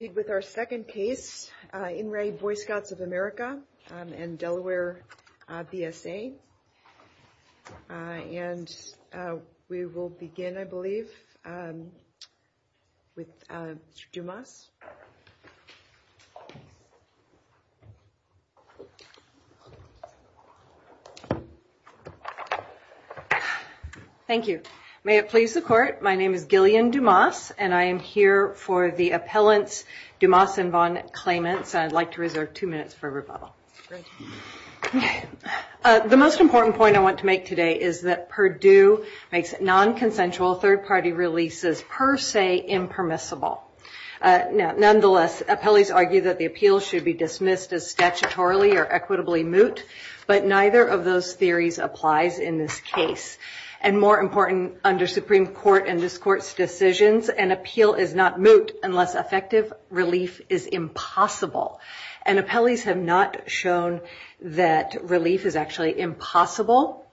and Delaware BSA, and we will begin, I believe, with Dumas. Thank you. May it please the Court. My name is Gillian Dumas, and I am here for the appellant claimant, and I'd like to reserve two minutes for rebuttal. The most important point I want to make today is that Purdue makes non-consensual third-party releases per se impermissible. Nonetheless, appellees argue that the appeal should be dismissed as statutorily or equitably moot, but neither of those theories applies in this case. And more important, under Supreme Court and this Court's decisions, an appeal is not effective, release is impossible. And appellees have not shown that release is actually impossible.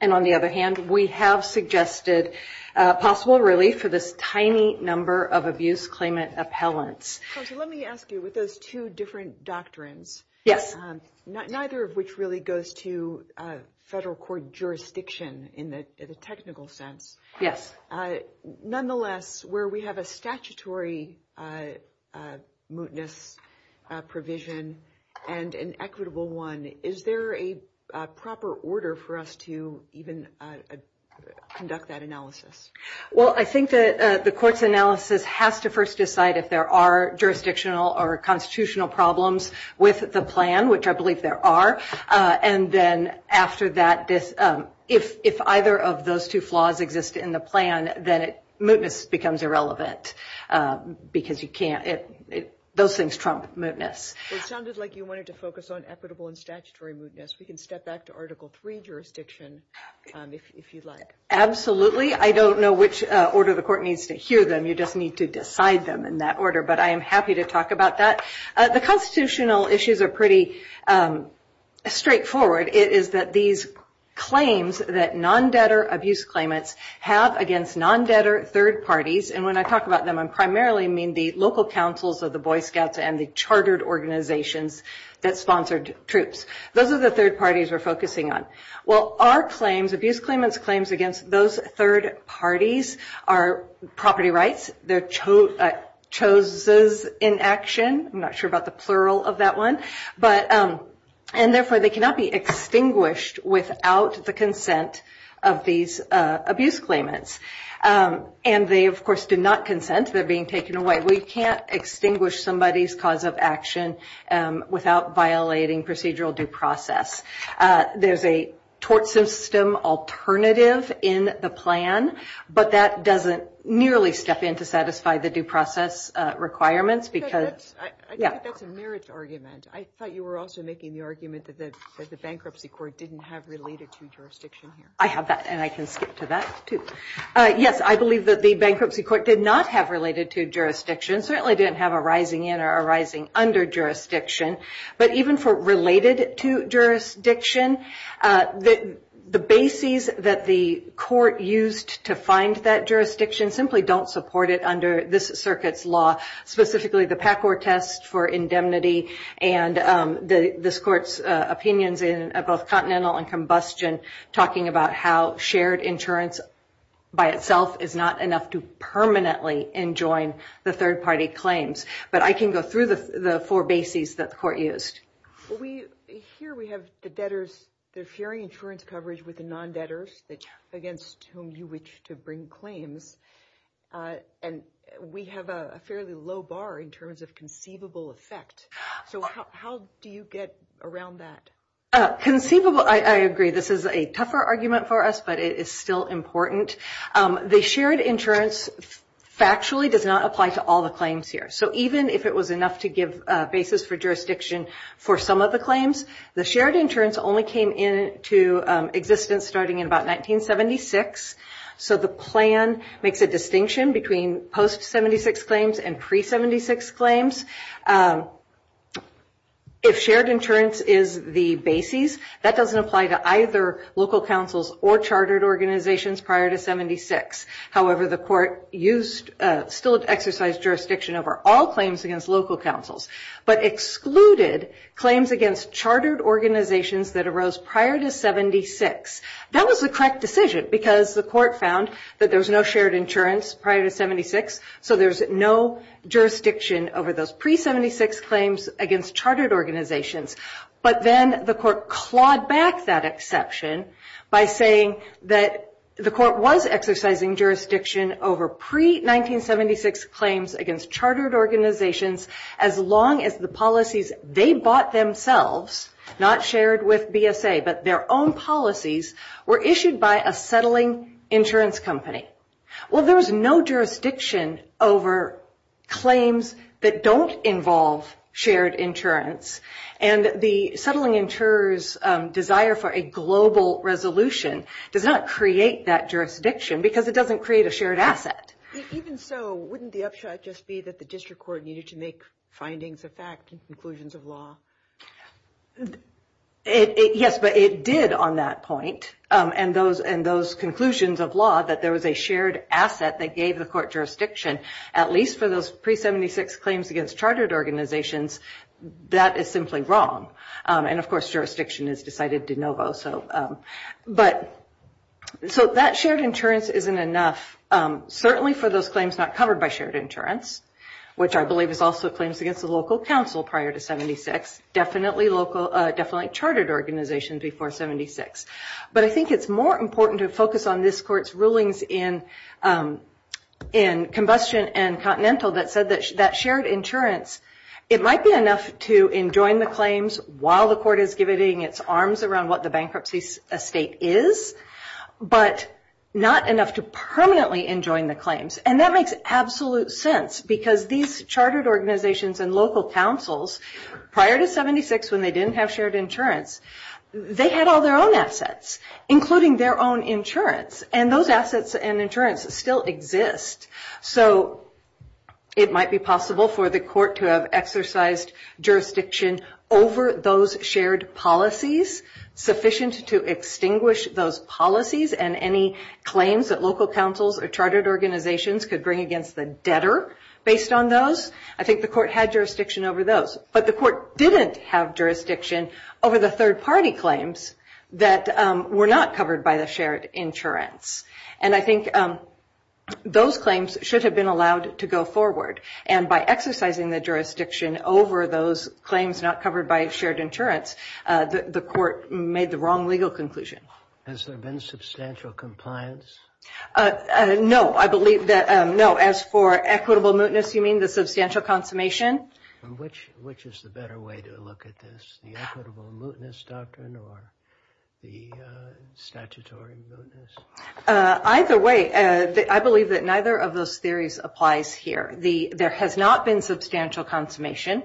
And on the other hand, we have suggested possible release for this tiny number of abuse claimant appellants. Let me ask you, with those two different doctrines, neither of which really goes to federal court in a technical sense. Nonetheless, where we have a statutory mootness provision and an equitable one, is there a proper order for us to even conduct that analysis? Well, I think that the Court's analysis has to first decide if there are jurisdictional or if either of those two flaws exist in the plan, then mootness becomes irrelevant, because you can't – those things trump mootness. It sounded like you wanted to focus on equitable and statutory mootness. We can step back to Article III jurisdiction, if you'd like. Absolutely. I don't know which order the Court needs to hear them. You just need to decide them in that order, but I am happy to talk about that. The constitutional issues are pretty straightforward. It is that these claims that non-debtor abuse claimants have against non-debtor third parties, and when I talk about them, I primarily mean the local councils of the Boy Scouts and the chartered organizations that sponsored troops. Those are the third parties we're focusing on. Well, our claims, abuse claimants' claims against those third parties are property rights, they're choses in action. I'm not sure about the plural of that one. And therefore, they cannot be extinguished without the consent of these abuse claimants. And they, of course, do not consent. They're being taken away. We can't extinguish somebody's cause of action without violating procedural due process. There's a tort system alternative in the plan, but that doesn't nearly step in to satisfy the due process requirements. I think that's a merits argument. I thought you were also making the argument that the bankruptcy court didn't have related to jurisdiction. I have that, and I can speak to that, too. Yes, I believe that the bankruptcy court did not have related to jurisdiction. It certainly didn't have a rising in or a rising under jurisdiction. But even for related to jurisdiction, the bases that the court used to find that jurisdiction simply don't support it under this circuit's law, specifically the PACOR test for indemnity and this court's opinions in both Continental and Combustion talking about how shared insurance by itself is not enough to permanently enjoin the third-party claims. But I can go through the four bases that the court used. Here we have the debtors. They're sharing insurance coverage with the non-debtors against whom you wish to bring claims. And we have a fairly low bar in terms of conceivable effect. So how do you get around that? Conceivable, I agree. This is a tougher argument for us, but it is still important. The shared insurance factually does not apply to all the claims here. So even if it was enough to give basis for jurisdiction for some of the claims, the shared insurance only came into existence starting in about 1976. So the plan makes a distinction between post-'76 claims and pre-'76 claims. If shared insurance is the basis, that doesn't apply to either local councils or chartered organizations prior to 76. However, the court still exercised jurisdiction over all claims against local councils but excluded claims against chartered organizations that arose prior to 76. That was the correct decision because the court found that there was no shared insurance prior to 76, so there's no jurisdiction over those pre-'76 claims against chartered organizations. But then the court clawed back that exception by saying that the court was exercising jurisdiction over pre-'76 claims against chartered organizations as long as the policies they bought themselves, not shared with BSA, but their own policies, were issued by a settling insurance company. Well, there's no jurisdiction over claims that don't involve shared insurance, and the settling insurer's desire for a global resolution does not create that jurisdiction because it doesn't create a shared asset. Even so, wouldn't the upshot just be that the district court needed to make findings of fact and conclusions of law? Yes, but it did on that point, and those conclusions of law, that there was a shared asset that gave the court jurisdiction, at least for those pre-'76 claims against chartered organizations, that is simply wrong. And, of course, jurisdiction is decided de novo. So that shared insurance isn't enough, certainly for those claims not covered by shared insurance, which I believe is also claims against the local council prior to 76, definitely chartered organizations before 76. But I think it's more important to focus on this court's rulings in Combustion and Continental that said that that shared insurance, it might be enough to enjoin the claims while the court is giving its arms around what the bankruptcy estate is, but not enough to permanently enjoin the claims. And that makes absolute sense because these chartered organizations and local councils, prior to 76 when they didn't have shared insurance, they had all their own assets, including their own insurance, and those assets and insurance still exist. So it might be possible for the court to have exercised jurisdiction over those shared policies, sufficient to extinguish those policies and any claims that local councils or chartered organizations could bring against the debtor based on those, I think the court had jurisdiction over those. But the court didn't have jurisdiction over the third-party claims that were not covered by the shared insurance. And I think those claims should have been allowed to go forward. And by exercising the jurisdiction over those claims not covered by shared insurance, the court made the wrong legal conclusion. Has there been substantial compliance? No, I believe that no. As for equitable mootness, you mean the substantial consummation? Which is the better way to look at this, the equitable mootness doctrine or the statutory mootness? Either way, I believe that neither of those theories applies here. There has not been substantial consummation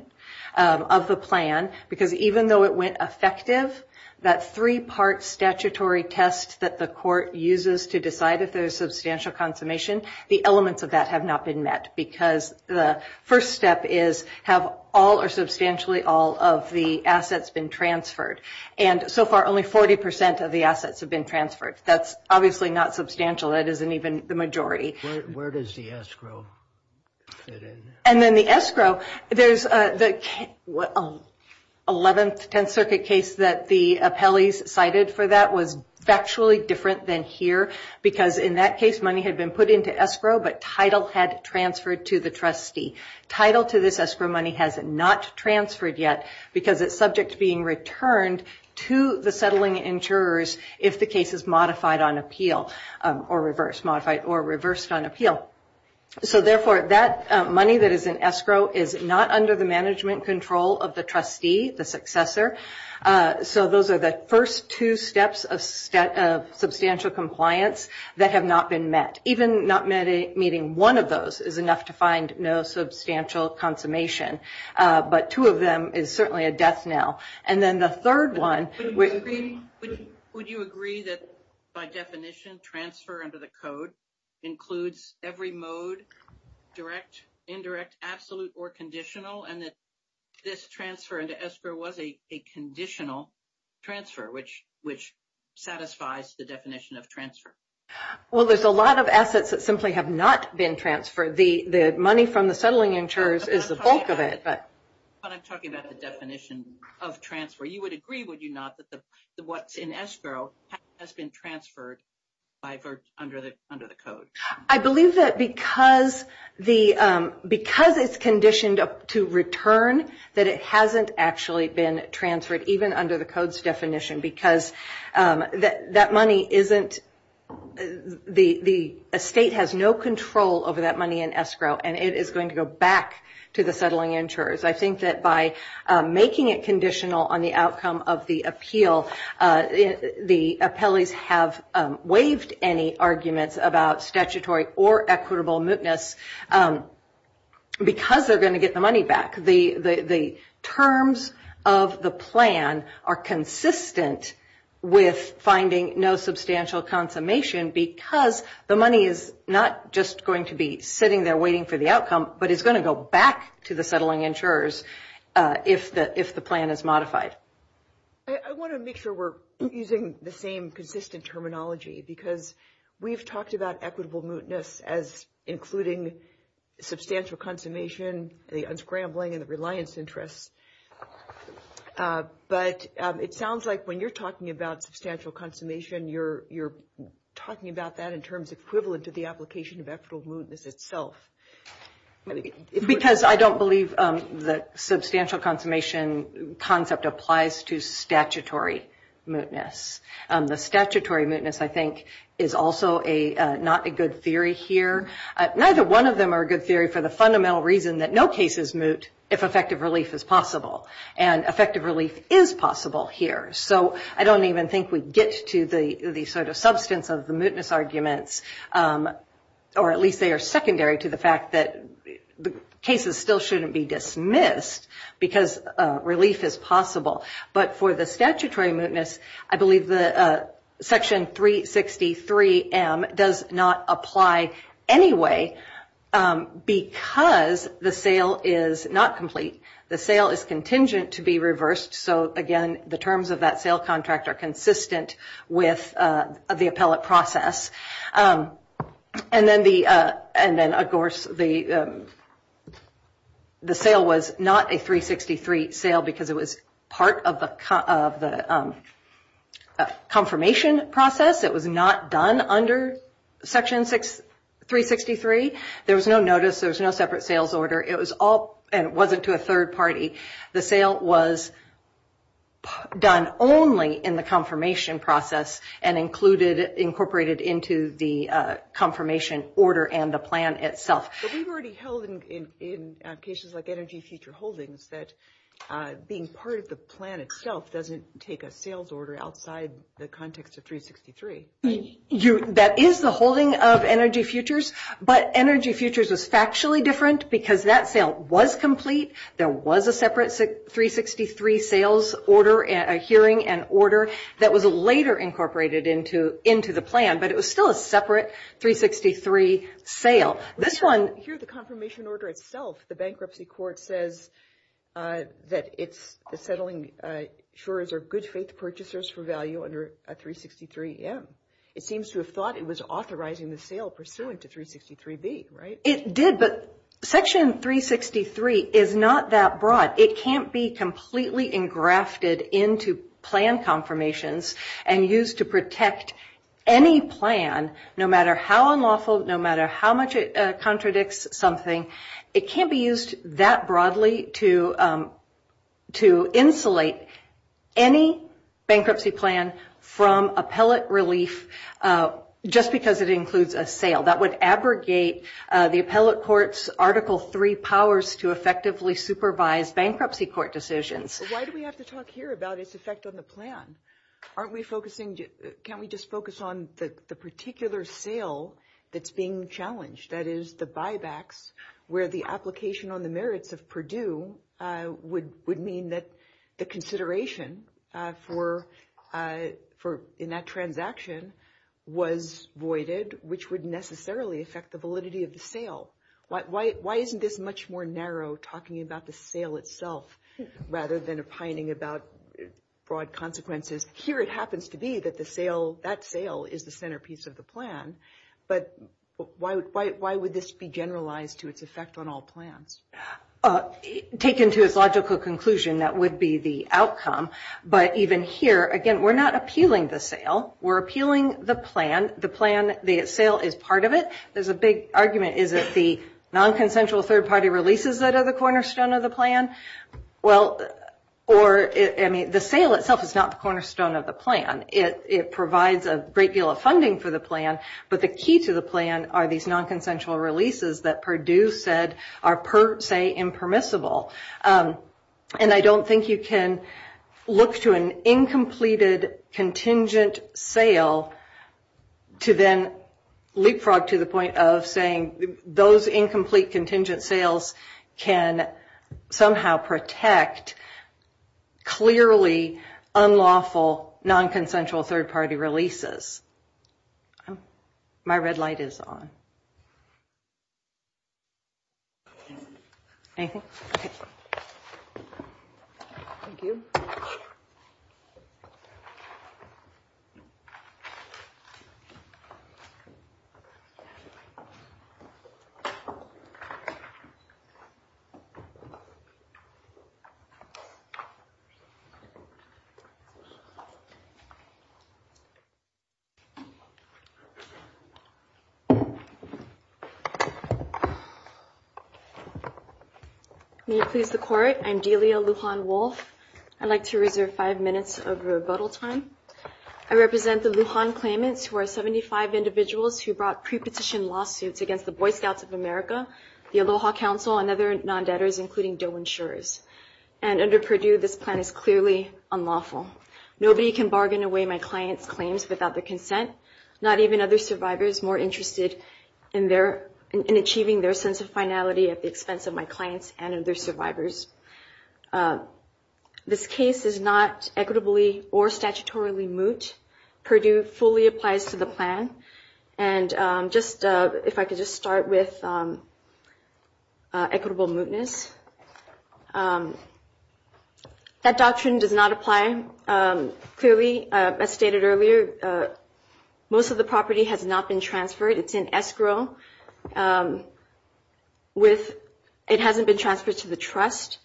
of the plan because even though it went effective, that three-part statutory test that the court uses to decide if there is substantial consummation, the elements of that have not been met because the first step is have all or substantially all of the assets been transferred? And so far only 40% of the assets have been transferred. That's obviously not substantial. That isn't even the majority. Where does the escrow fit in? And then the escrow, there's the 11th Tenth Circuit case that the appellees cited for that was actually different than here because in that case money had been put into escrow, but title had transferred to the trustee. Title to this escrow money has not transferred yet because it's subject to being returned to the settling insurers if the case is modified on appeal or reversed on appeal. So, therefore, that money that is in escrow is not under the management control of the trustee, the successor. So those are the first two steps of substantial compliance that have not been met. Even not meeting one of those is enough to find no substantial consummation. But two of them is certainly a death knell. And then the third one. Would you agree that, by definition, transfer under the code includes every mode, direct, indirect, absolute, or conditional, and that this transfer into escrow was a conditional transfer, which satisfies the definition of transfer? Well, there's a lot of assets that simply have not been transferred. The money from the settling insurers is the bulk of it. I'm talking about the definition of transfer. You would agree, would you not, that what's in escrow has been transferred under the code? I believe that because it's conditioned to return, that it hasn't actually been transferred, even under the code's definition, because that money isn't the estate has no control over that money in escrow, and it is going to go back to the settling insurers. I think that by making it conditional on the outcome of the appeal, the appellees have waived any arguments about statutory or equitable mootness because they're going to get the money back. The terms of the plan are consistent with finding no substantial consummation because the money is not just going to be sitting there waiting for the outcome, but it's going to go back to the settling insurers if the plan is modified. I want to make sure we're using the same consistent terminology because we've talked about equitable mootness as including substantial consummation, the unscrambling, and the reliance interest. But it sounds like when you're talking about substantial consummation, you're talking about that in terms equivalent to the application of equitable mootness itself. Because I don't believe the substantial consummation concept applies to statutory mootness. The statutory mootness, I think, is also not a good theory here. Neither one of them are a good theory for the fundamental reason that no case is moot if effective release is possible. And effective release is possible here. So I don't even think we get to the sort of substance of the mootness arguments, or at least they are secondary to the fact that cases still shouldn't be dismissed because release is possible. But for the statutory mootness, I believe Section 363M does not apply anyway because the sale is not complete. The sale is contingent to be reversed. So, again, the terms of that sale contract are consistent with the appellate process. And then, of course, the sale was not a 363 sale because it was part of the confirmation process. It was not done under Section 363. There was no notice. There was no separate sales order. It was all, and it wasn't to a third party. The sale was done only in the confirmation process and incorporated into the confirmation order and the plan itself. But we've already held in cases like energy future holdings that being part of the plan itself doesn't take a sales order outside the context of 363. That is the holding of energy futures. But energy futures is factually different because that sale was complete. There was a separate 363 sales order, a hearing and order that was later incorporated into the plan. But it was still a separate 363 sale. This one- Here's the confirmation order itself. The bankruptcy court says that the settling insurers are good faith purchasers for value under 363M. It seems to have thought it was authorizing the sale pursuant to 363B, right? It did. But Section 363 is not that broad. It can't be completely engrafted into plan confirmations and used to protect any plan no matter how unlawful, no matter how much it contradicts something. It can't be used that broadly to insulate any bankruptcy plan from appellate relief just because it includes a sale. That would abrogate the appellate court's Article III powers to effectively supervise bankruptcy court decisions. Why do we have to talk here about its effect on the plan? Can't we just focus on the particular sale that's being challenged? That is the buybacks where the application on the merits of Purdue would mean that the consideration in that transaction was voided, which would necessarily affect the validity of the sale. Why isn't this much more narrow talking about the sale itself rather than opining about broad consequences? Here it happens to be that that sale is the centerpiece of the plan. But why would this be generalized to its effect on all plans? Taken to its logical conclusion, that would be the outcome. But even here, again, we're not appealing the sale. We're appealing the plan. The plan, the sale is part of it. There's a big argument. Is it the nonconsensual third-party releases that are the cornerstone of the plan? Well, or, I mean, the sale itself is not the cornerstone of the plan. It provides a great deal of funding for the plan, but the key to the plan are these nonconsensual releases that Purdue said are per se impermissible. And I don't think you can look to an incompleted contingent sale to then leapfrog to the point of saying those incomplete contingent sales can somehow protect clearly unlawful nonconsensual third-party releases. My red light is on. Anything? Thank you. May it please the Court, I'm Delia Lujan Wolf. I'd like to reserve five minutes of rebuttal time. I represent the Lujan claimants who are 75 individuals who brought prepetition lawsuits against the Boy Scouts of America, the Aloha Council, and other non-debtors, including DOE insurers. And under Purdue, this plan is clearly unlawful. Nobody can bargain away my client's claims without their consent, not even other survivors more interested in achieving their sense of finality at the expense of my clients and other survivors. This case is not equitably or statutorily moot. Purdue fully applies to the plan. And if I could just start with equitable mootness. That doctrine does not apply. Clearly, as stated earlier, most of the property has not been transferred. It's in escrow. It hasn't been transferred to the trust.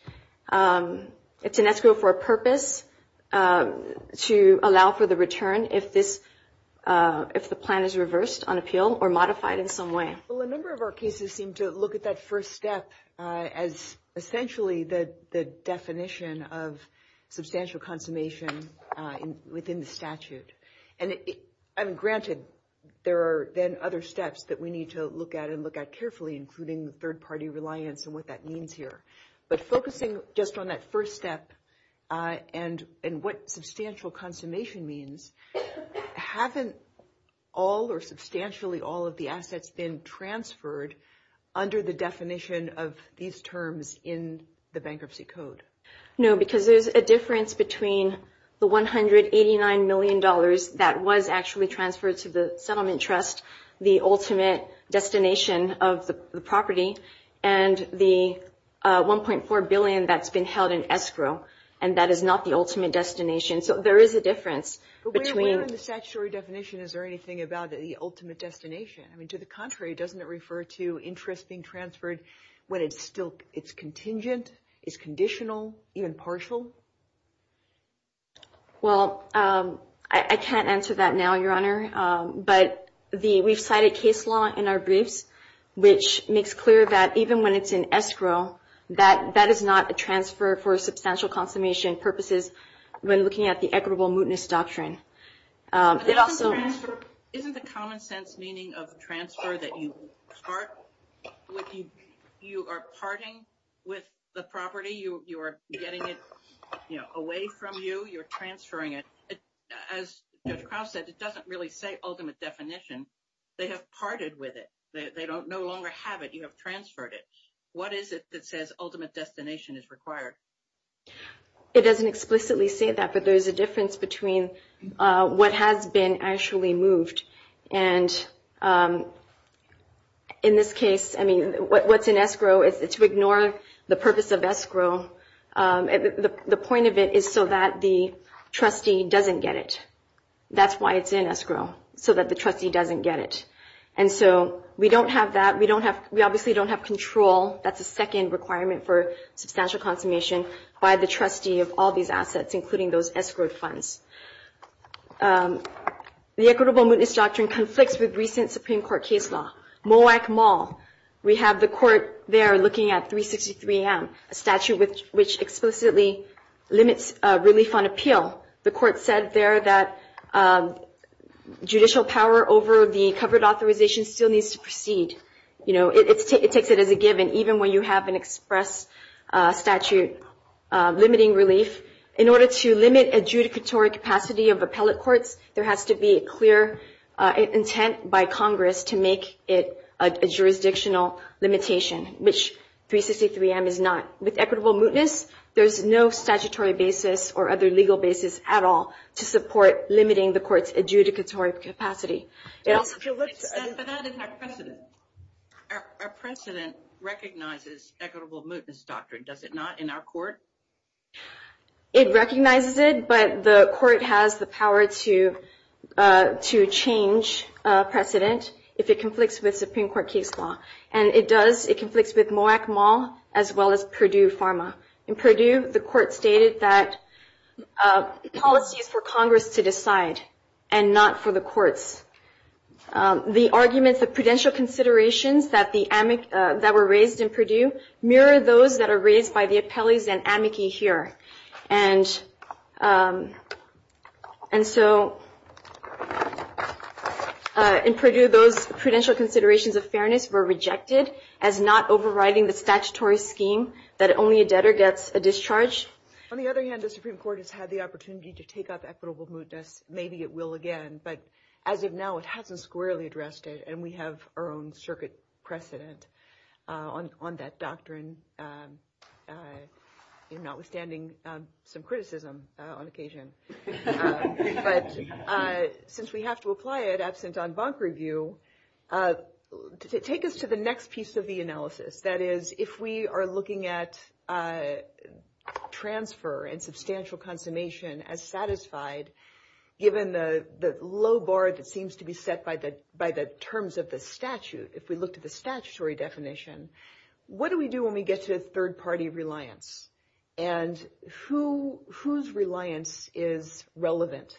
It's in escrow for a purpose to allow for the return if the plan is reversed on appeal or modified in some way. Well, a number of our cases seem to look at that first step as essentially the definition of substantial consummation within the statute. And granted, there are then other steps that we need to look at and look at carefully, including third-party reliance and what that means here. But focusing just on that first step and what substantial consummation means, haven't all or substantially all of the assets been transferred under the definition of these terms in the bankruptcy code? No, because there's a difference between the $189 million that was actually transferred to the settlement trust, the ultimate destination of the property, and the $1.4 billion that's been held in escrow. And that is not the ultimate destination. So there is a difference. But where in the statutory definition is there anything about the ultimate destination? I mean, to the contrary, doesn't it refer to interest being transferred when it's contingent, it's conditional, even partial? Well, I can't answer that now, Your Honor. But we've cited case law in our briefs, which makes clear that even when it's in escrow, that is not a transfer for substantial consummation purposes when looking at the equitable mootness doctrine. Isn't the common sense meaning of transfer that you start with you are parting with the property, you are getting it away from you, you're transferring it? As Judge Krause said, it doesn't really say ultimate definition. They have parted with it. They no longer have it. You have transferred it. What is it that says ultimate destination is required? It doesn't explicitly say that, but there's a difference between what has been actually moved. And in this case, I mean, what's in escrow is to ignore the purpose of escrow. The point of it is so that the trustee doesn't get it. That's why it's in escrow, so that the trustee doesn't get it. And so we don't have that. We obviously don't have control. That's a second requirement for substantial consummation by the trustee of all these assets, including those escrow funds. The equitable mootness doctrine conflicts with recent Supreme Court case law. We have the court there looking at 363M, a statute which explicitly limits relief on appeal. The court said there that judicial power over the covered authorization still needs to proceed. You know, it takes it as a given even when you have an express statute limiting relief. In order to limit adjudicatory capacity of appellate courts, there has to be a clear intent by Congress to make it a jurisdictional limitation, which 363M is not. With equitable mootness, there's no statutory basis or other legal basis at all to support limiting the court's adjudicatory capacity. Our precedent recognizes equitable mootness doctrine, does it not, in our court? It recognizes it, but the court has the power to change precedent if it conflicts with Supreme Court case law. And it does, it conflicts with Moak Mall as well as Purdue Pharma. In Purdue, the court stated that it's all up to Congress to decide and not for the courts. The arguments of prudential considerations that were raised in Purdue mirror those that are raised by the appellees and amici here. And so in Purdue, those prudential considerations of fairness were rejected as not overriding the statutory scheme that only a debtor gets a discharge. On the other hand, the Supreme Court has had the opportunity to take up equitable mootness. Maybe it will again, but as of now, it hasn't squarely addressed it. And we have our own circuit precedent on that doctrine, notwithstanding some criticism on occasion. But since we have to apply it absent en banc review, take us to the next piece of the analysis. That is, if we are looking at transfer and substantial consummation as satisfied, given the low bar that seems to be set by the terms of the statute, if we looked at the statutory definition, what do we do when we get to third-party reliance? And whose reliance is relevant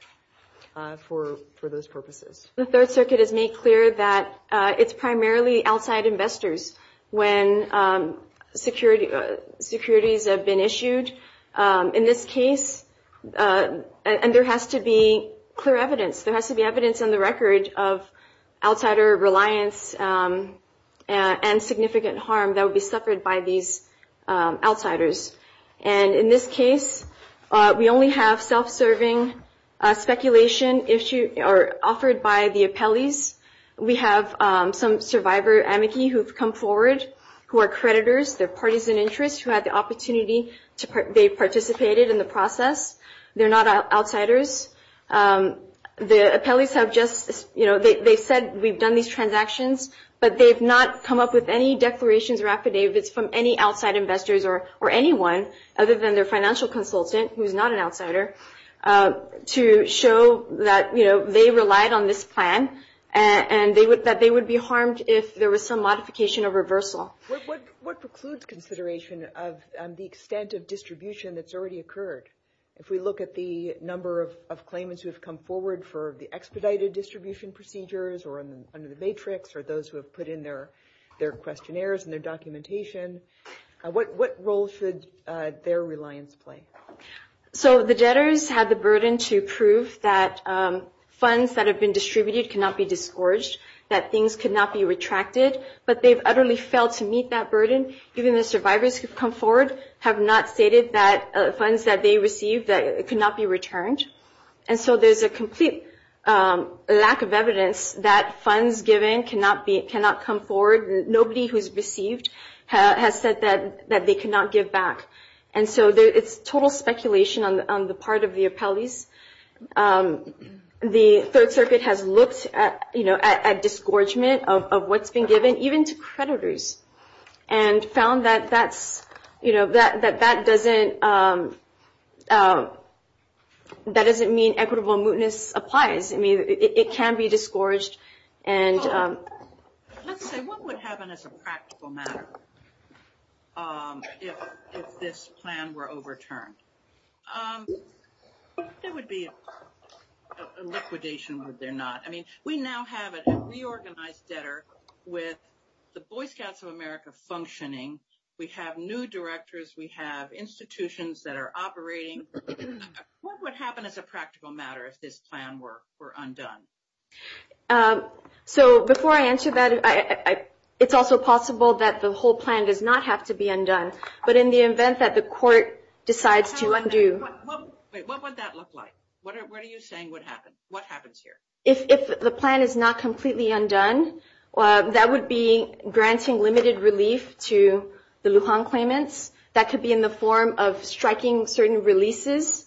for those purposes? The Third Circuit has made clear that it's primarily outside investors when securities have been issued. In this case, and there has to be clear evidence. There has to be evidence in the record of outsider reliance and significant harm that would be suffered by these outsiders. And in this case, we only have self-serving speculation issued or offered by the appellees. We have some survivor amici who have come forward who are creditors. They're parties in interest who had the opportunity to participate in the process. They're not outsiders. The appellees have just, you know, they said we've done these transactions, but they've not come up with any declarations or affidavits from any outside investors or anyone other than their financial consultant, who is not an outsider, to show that, you know, they relied on this plan and that they would be harmed if there was some modification or reversal. What precludes consideration of the extent of distribution that's already occurred? If we look at the number of claimants who have come forward for the expedited distribution procedures or under the matrix or those who have put in their questionnaires and their documentation, what role should their reliance play? So the debtors have the burden to prove that funds that have been distributed cannot be disgorged, that things cannot be retracted. And so there's a complete lack of evidence that funds given cannot come forward. Nobody who's received has said that they cannot give back. And so there is total speculation on the part of the appellees. The Third Circuit has looked at, you know, at disgorgement of what's been given, even if it's not disgorgement. And found that that's, you know, that that doesn't, that doesn't mean equitable mootness applies. I mean, it can be disgorged. Let's say, what would happen as a practical matter if this plan were overturned? There would be a liquidation, would there not? I mean, we now have a reorganized debtor with the Boy Scouts of America functioning. We have new directors. We have institutions that are operating. What would happen as a practical matter if this plan were undone? So before I answer that, it's also possible that the whole plan does not have to be undone. But in the event that the court decides to undo. What would that look like? What are you saying would happen? What happens here? If the plan is not completely undone, that would be granting limited relief to the Lujan claimants. That could be in the form of striking certain releases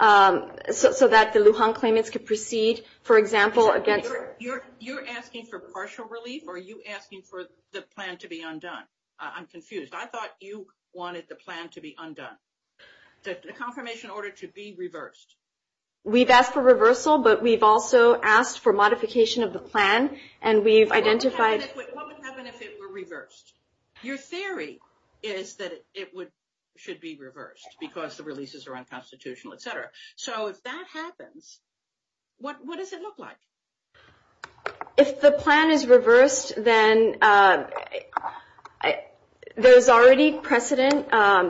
so that the Lujan claimants could proceed. For example, a debtor. You're asking for partial relief or are you asking for the plan to be undone? I'm confused. I thought you wanted the plan to be undone. The confirmation order to be reversed. We've asked for reversal, but we've also asked for modification of the plan, and we've identified. What would happen if it were reversed? Your theory is that it should be reversed because the releases are unconstitutional, et cetera. So if that happens, what does it look like? If the plan is reversed, then there's already precedent. I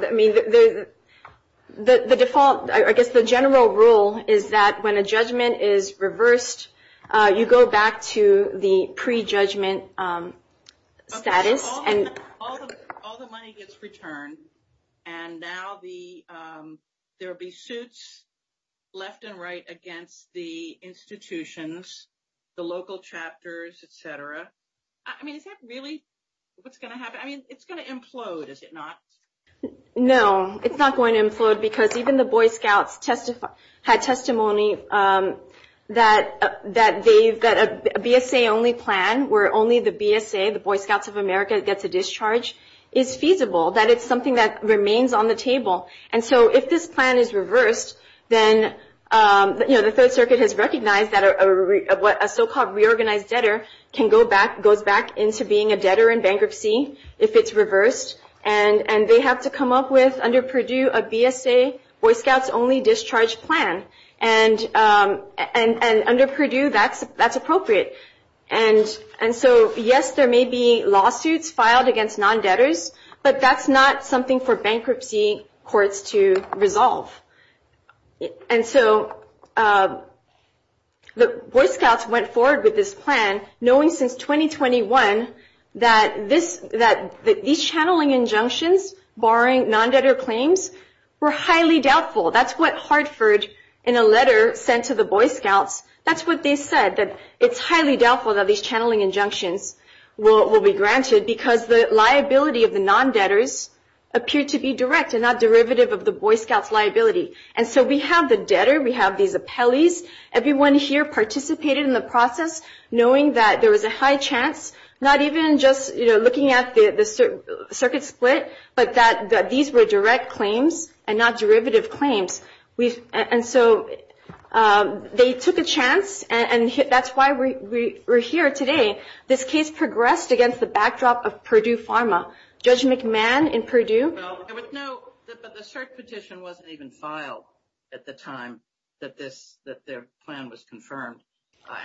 guess the general rule is that when a judgment is reversed, you go back to the pre-judgment status. All the money gets returned, and now there will be suits left and right against the institutions, the local chapters, et cetera. I mean, is that really what's going to happen? I mean, it's going to implode, is it not? No, it's not going to implode because even the Boy Scouts had testimony that a BSA-only plan, where only the BSA, the Boy Scouts of America, gets a discharge, is feasible, that it's something that remains on the table. If this plan is reversed, then the Third Circuit has recognized that a so-called reorganized debtor can go back into being a debtor in bankruptcy if it's reversed, and they have to come up with, under Purdue, a BSA Boy Scouts-only discharge plan. Under Purdue, that's appropriate. Yes, there may be lawsuits filed against non-debtors, but that's not something for bankruptcy courts to resolve. The Boy Scouts went forward with this plan, knowing since 2021 that these channeling injunctions, barring non-debtor claims, were highly doubtful. That's what Hartford, in a letter sent to the Boy Scouts, that's what they said, that it's highly doubtful that these channeling injunctions will be granted because the liability of the non-debtors appeared to be direct and not derivative of the Boy Scouts' liability. And so we have the debtor, we have these appellees. Everyone here participated in the process, knowing that there was a high chance, not even just looking at the circuit split, but that these were direct claims and not derivative claims. And so they took a chance, and that's why we're here today. This case progressed against the backdrop of Purdue Pharma. Judge McMahon in Purdue... Well, there was no, the search petition wasn't even filed at the time that their plan was confirmed.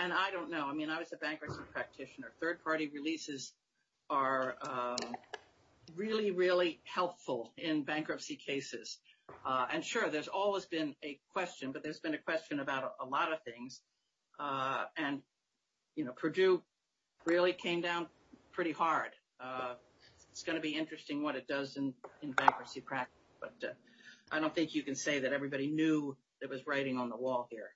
And I don't know. I mean, I was a bankruptcy practitioner. Third-party releases are really, really helpful in bankruptcy cases. And sure, there's always been a question, but there's been a question about a lot of things. And, you know, Purdue really came down pretty hard. It's going to be interesting what it does in bankruptcy practice, but I don't think you can say that everybody knew that it was writing on the wall here.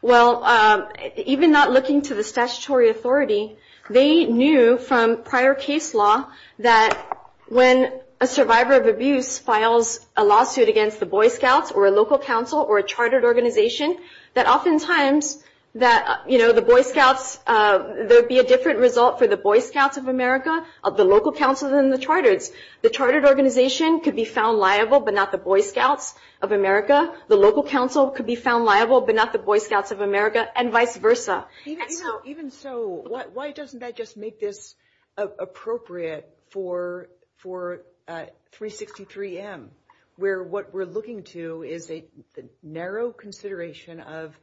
Well, even not looking to the statutory authority, they knew from prior case law that when a survivor of abuse files a lawsuit against the Boy Scouts or a local council or a chartered organization, that oftentimes that, you know, the Boy Scouts, there would be a different result for the Boy Scouts of America of the local council than the charters. The chartered organization could be found liable but not the Boy Scouts of America. The local council could be found liable but not the Boy Scouts of America, and vice versa. Even so, why doesn't that just make this appropriate for 363M, where what we're looking to is a narrow consideration of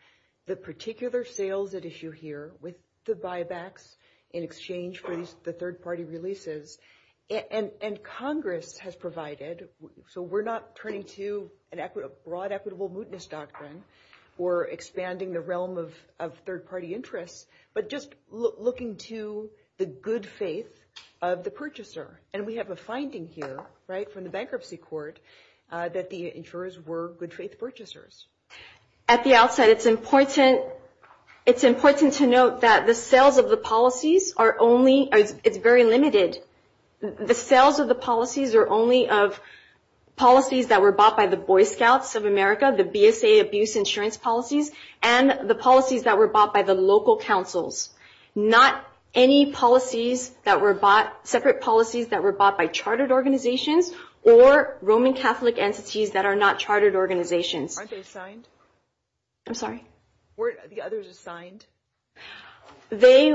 the particular sales at issue here with the buybacks in exchange for the third-party releases. And Congress has provided, so we're not turning to a broad equitable mootness doctrine or expanding the realm of third-party interest, but just looking to the good faith of the purchaser. And we have a finding here, right, from the bankruptcy court that the insurers were good-faith purchasers. At the outset, it's important to note that the sales of the policies are only, it's very limited. The sales of the policies are only of policies that were bought by the Boy Scouts of America, the BSA abuse insurance policies, and the policies that were bought by the local councils, not any policies that were bought, separate policies that were bought by chartered organizations or Roman Catholic entities that are not chartered organizations. Aren't they assigned? I'm sorry? Weren't the others assigned? They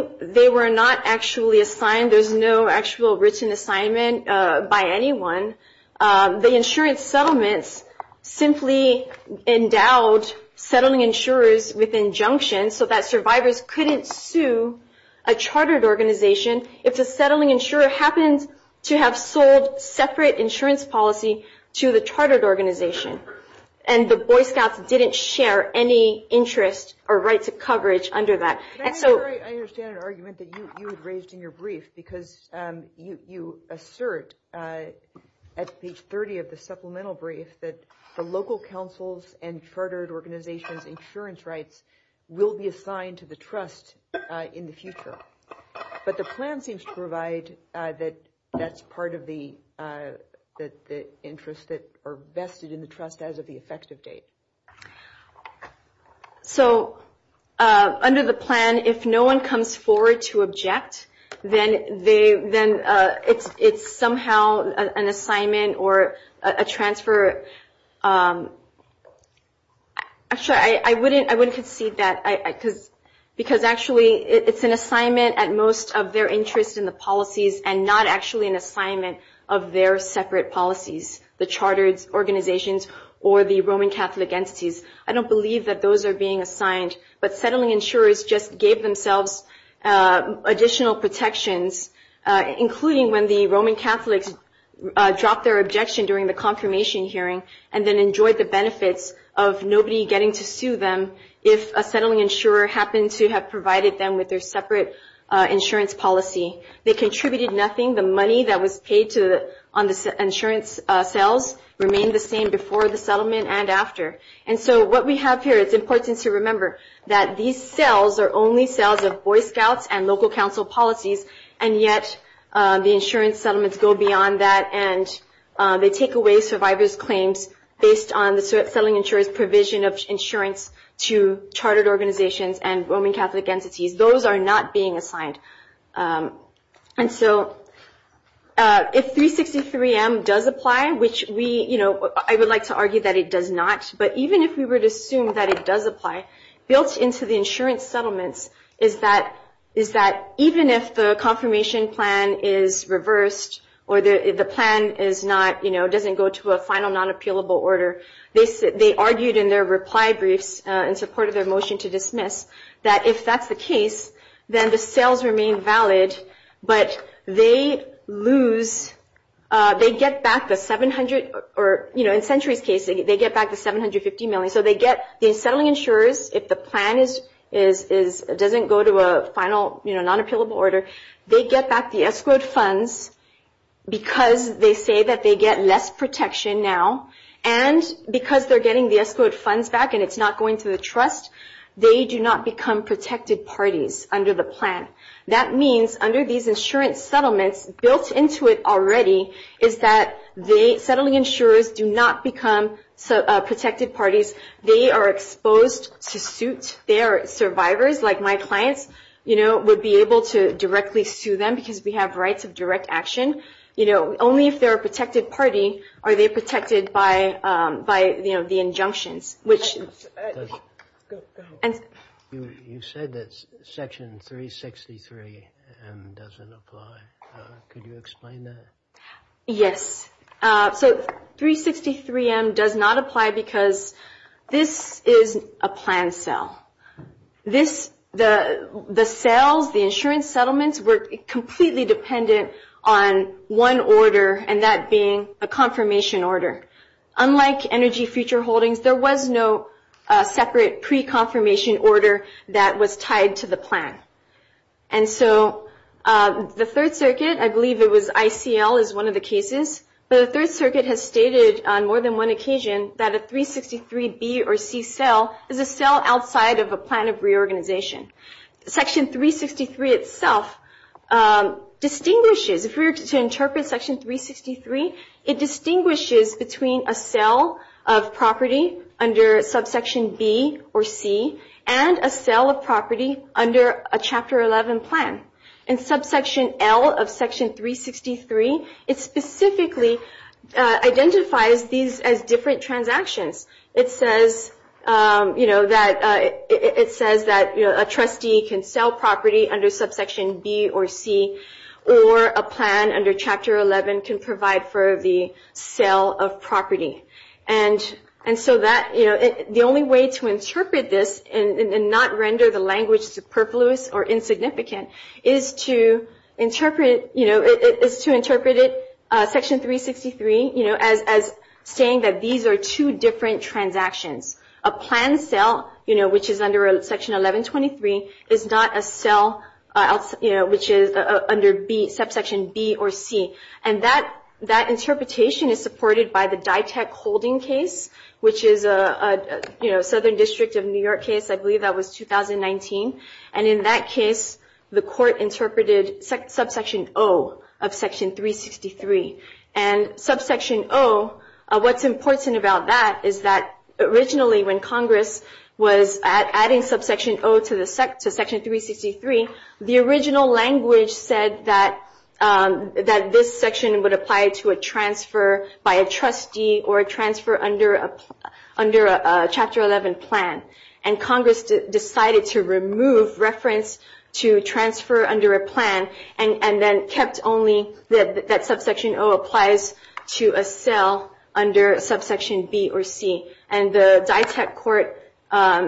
were not actually assigned. There's no actual written assignment by anyone. The insurance settlements simply endowed settling insurers with injunctions so that survivors couldn't sue a chartered organization. If the settling insurer happens to have sold separate insurance policy to the chartered organization and the Boy Scouts didn't share any interest or rights of coverage under that. I understand the argument that you had raised in your brief, because you assert at page 30 of the supplemental brief that the local councils and chartered organizations' insurance rights will be assigned to the trust in the future. But the plan seems to provide that that's part of the interests that are vested in the trust as of the effective date. So under the plan, if no one comes forward to object, then it's somehow an assignment or a transfer. I'm sorry, I wouldn't concede that. Because actually it's an assignment at most of their interest in the policies and not actually an assignment of their separate policies, the chartered organizations or the Roman Catholic entities. I don't believe that those are being assigned. But settling insurers just gave themselves additional protections, including when the Roman Catholics dropped their objection during the confirmation hearing and then enjoyed the benefits of nobody getting to sue them if a settling insurer happened to have provided them with their separate insurance policy. They contributed nothing. The money that was paid on the insurance sales remained the same before the settlement and after. And so what we have here, it's important to remember, that these sales are only sales of Boy Scouts and local council policies, and yet the insurance settlements go beyond that and they take away survivors' claims based on the settling insurer's provision of insurance to chartered organizations and Roman Catholic entities. Those are not being assigned. And so if 363M does apply, which I would like to argue that it does not, but even if we would assume that it does apply, built into the insurance settlement is that even if the confirmation plan is reversed or the plan doesn't go to a final non-appealable order, they argued in their reply brief in support of their motion to dismiss that if that's the case, then the sales remain valid, but they get back the 750M. So the settling insurers, if the plan doesn't go to a final non-appealable order, they get back the S-quared funds because they say that they get less protection now, and because they're getting the S-quared funds back and it's not going to the trust, they do not become protected parties under the plan. That means under these insurance settlements, built into it already, is that the settling insurers do not become protected parties. They are exposed to suit their survivors, like my clients would be able to directly sue them because we have rights of direct action. Only if they're a protected party are they protected by the injunctions. Go ahead. You said that Section 363M doesn't apply. Could you explain that? Yes. So 363M does not apply because this is a planned sale. The sales, the insurance settlements, were completely dependent on one order and that being a confirmation order. Unlike energy future holdings, there was no separate pre-confirmation order that was tied to the plan. And so the Third Circuit, I believe it was ICL, is one of the cases. The Third Circuit has stated on more than one occasion that a 363B or C sale is a sale outside of a plan of reorganization. Section 363 itself distinguishes, if we were to interpret Section 363, it distinguishes between a sale of property under Subsection B or C and a sale of property under a Chapter 11 plan. In Subsection L of Section 363, it specifically identifies these as different transactions. It says that a trustee can sell property under Subsection B or C or a plan under Chapter 11 can provide for the sale of property. And so the only way to interpret this and not render the language superfluous or insignificant is to interpret it, Section 363, as saying that these are two different transactions. A plan sale, which is under Section 1123, is not a sale which is under Subsection B or C. And that interpretation is supported by the DITEC holding case, which is a Southern District of New York case. I believe that was 2019. And in that case, the court interpreted Subsection O of Section 363. And Subsection O, what's important about that is that originally, when Congress was adding Subsection O to Section 363, the original language said that this section would apply to a transfer by a trustee or a transfer under a Chapter 11 plan. And Congress decided to remove reference to transfer under a plan and then kept only that Subsection O applies to a sale under Subsection B or C. And the DITEC court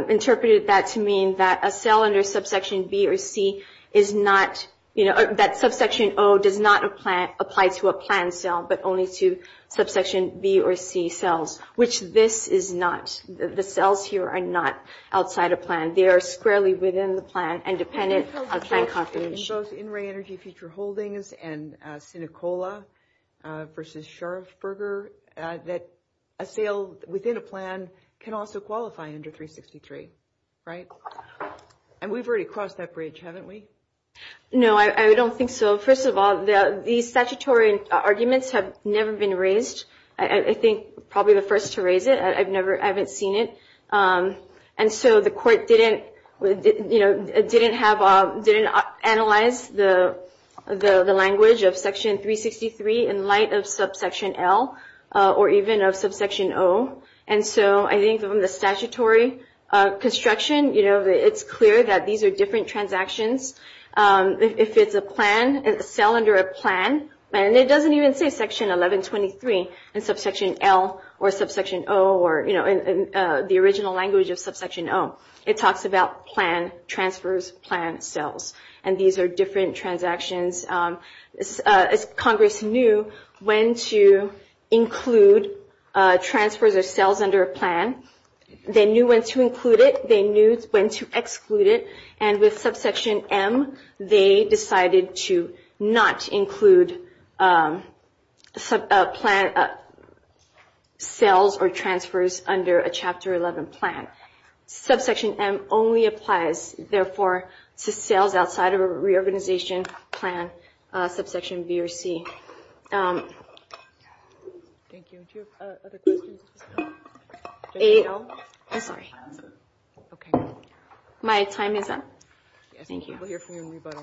interpreted that to mean that a sale under Subsection B or C is not, that Subsection O does not apply to a plan sale but only to Subsection B or C sales, which this is not. The sales here are not outside a plan. They are squarely within the plan and dependent on plan confidentiality. And those in-ring energy future holdings and Senecola versus Sharpsburger, that a sale within a plan can also qualify under 363, right? And we've already crossed that bridge, haven't we? No, I don't think so. First of all, the statutory arguments have never been raised. I think probably the first to raise it. I haven't seen it. And so the court didn't analyze the language of Section 363 in light of Subsection L or even of Subsection O. And so I think from the statutory construction, it's clear that these are different transactions. If it's a plan, a sale under a plan, and it doesn't even say Section 1123 in Subsection L or Subsection O or, you know, the original language of Subsection O, it talks about plan, transfers, plan, sales. And these are different transactions. Congress knew when to include, transfer their sales under a plan. They knew when to include it. They knew when to exclude it. And with Subsection M, they decided to not include sales or transfers under a Chapter 11 plan. Subsection M only applies, therefore, to sales outside of a reorganization plan, Subsection B or C. Thank you. Do you have other questions? I don't. I'm sorry. Okay. My time is up. Thank you. We'll hear from everybody.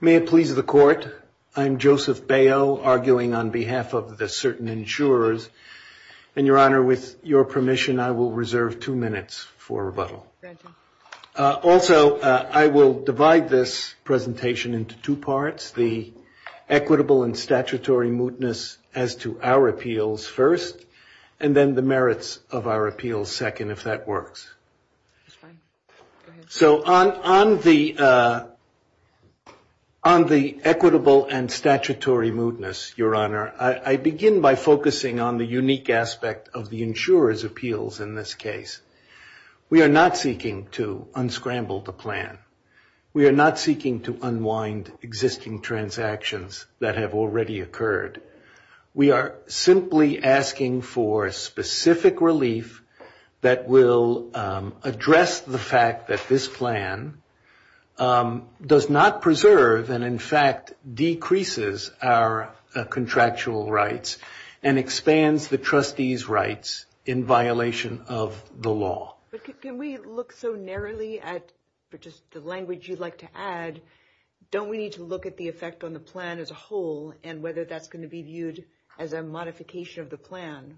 May it please the Court, I'm Joseph Bail, arguing on behalf of the certain insurers. And, Your Honor, with your permission, I will reserve two minutes. Also, I will divide this presentation into two parts, the equitable and statutory mootness as to our appeals first, and then the merits of our appeals second, if that works. So on the equitable and statutory mootness, Your Honor, I begin by focusing on the unique aspect of the insurer's appeals in this case. We are not seeking to unscramble the plan. We are not seeking to unwind existing transactions that have already occurred. We are simply asking for specific relief that will address the fact that this plan does not preserve and, in fact, decreases our contractual rights and expands the trustees' rights in violation of the law. But can we look so narrowly at, just the language you'd like to add, don't we need to look at the effect on the plan as a whole and whether that's going to be viewed as a modification of the plan?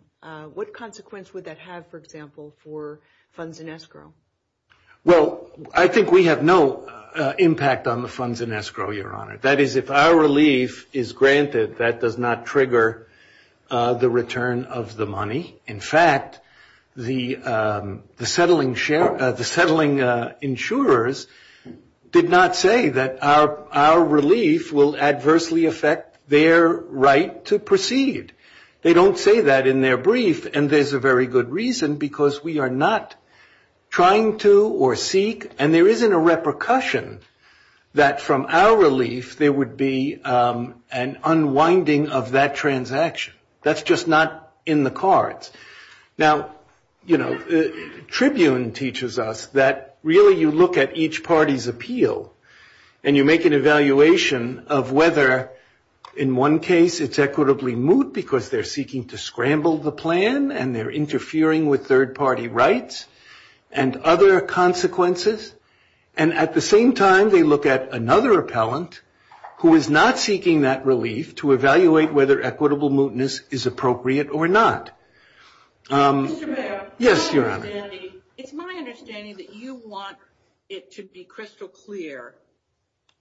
What consequence would that have, for example, for funds in escrow? Well, I think we have no impact on the funds in escrow, Your Honor. That is, if our relief is granted, that does not trigger the return of the money. In fact, the settling insurers did not say that our relief will adversely affect their right to proceed. They don't say that in their brief, and there's a very good reason because we are not trying to or seek, and there isn't a repercussion that from our relief there would be an unwinding of that transaction. That's just not in the cards. Now, you know, Tribune teaches us that really you look at each party's appeal, and you make an evaluation of whether, in one case, it's equitably moot because they're seeking to scramble the plan and they're interfering with third-party rights and other consequences, and at the same time they look at another appellant who is not seeking that relief to evaluate whether equitable mootness is appropriate or not. Mr. Mayor. Yes, Your Honor. It's my understanding that you want it to be crystal clear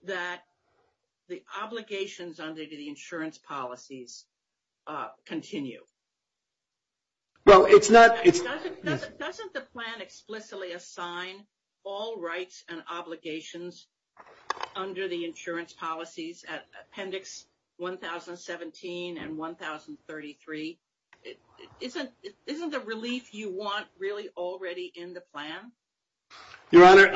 that the obligations under the insurance policies continue. Well, it's not. Doesn't the plan explicitly assign all rights and obligations under the insurance policies at Appendix 1017 and 1033? Isn't the relief you want really already in the plan? Your Honor.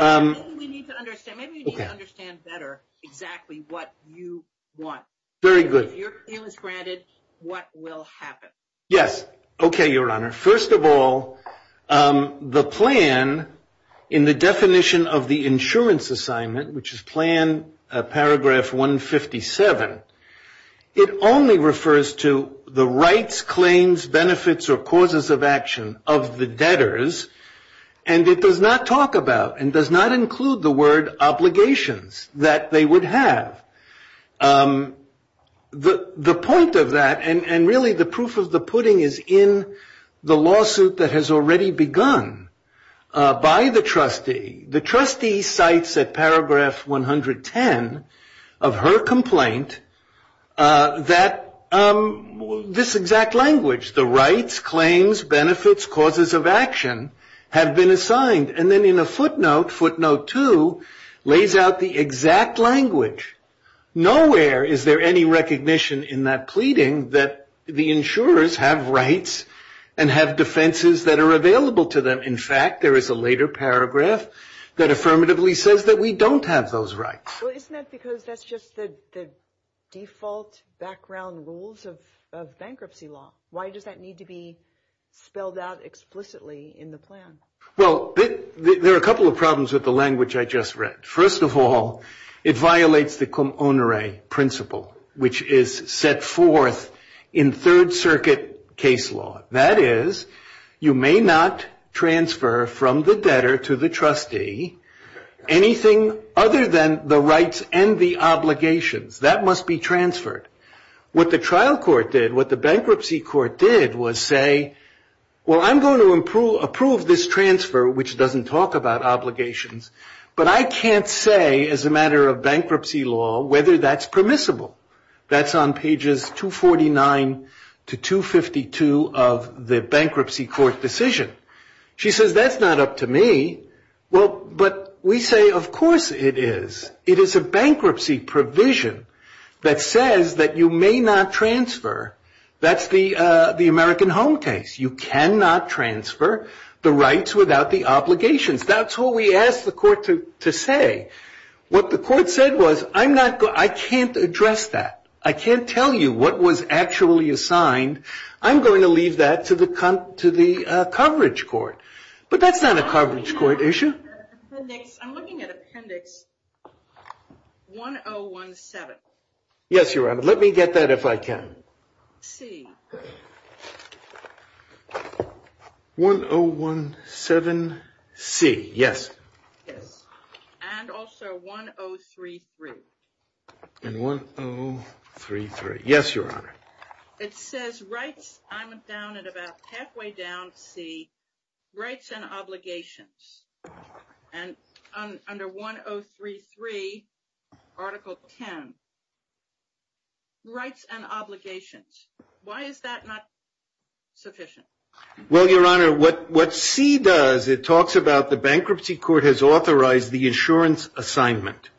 Maybe you need to understand better exactly what you want. Very good. Your appeal is granted. What will happen? Yes. Okay, Your Honor. First of all, the plan in the definition of the insurance assignment, which is Plan Paragraph 157, it only refers to the rights, claims, benefits, or causes of action of the debtors, and it does not talk about and does not include the word obligations that they would have. The point of that, and really the proof of the pudding, is in the lawsuit that has already begun by the trustee. The trustee cites at Paragraph 110 of her complaint that this exact language, the rights, claims, benefits, causes of action, have been assigned. And then in a footnote, Footnote 2, lays out the exact language. Nowhere is there any recognition in that pleading that the insurers have rights and have defenses that are available to them. In fact, there is a later paragraph that affirmatively says that we don't have those rights. Well, isn't that because that's just the default background rules of bankruptcy law? Why does that need to be spelled out explicitly in the plan? Well, there are a couple of problems with the language I just read. First of all, it violates the com honore principle, which is set forth in Third Circuit case law. That is, you may not transfer from the debtor to the trustee anything other than the rights and the obligations. That must be transferred. What the trial court did, what the bankruptcy court did, was say, well, I'm going to approve this transfer, which doesn't talk about obligations, but I can't say as a matter of bankruptcy law whether that's permissible. That's on pages 249 to 252 of the bankruptcy court decision. She says, that's not up to me. Well, but we say, of course it is. It is a bankruptcy provision that says that you may not transfer. That's the American Home case. You cannot transfer the rights without the obligations. That's what we asked the court to say. What the court said was, I can't address that. I can't tell you what was actually assigned. I'm going to leave that to the coverage court. But that's not a coverage court issue. I'm looking at appendix 1017. Yes, Your Honor. Let me get that if I can. C. 1017C, yes. And also 1033. And 1033. Yes, Your Honor. It says rights. I'm down at about halfway down, C. Rights and obligations. And under 1033, article 10, rights and obligations. Why is that not sufficient? Well, Your Honor, what C does, it talks about the bankruptcy court has authorized the insurance assignment.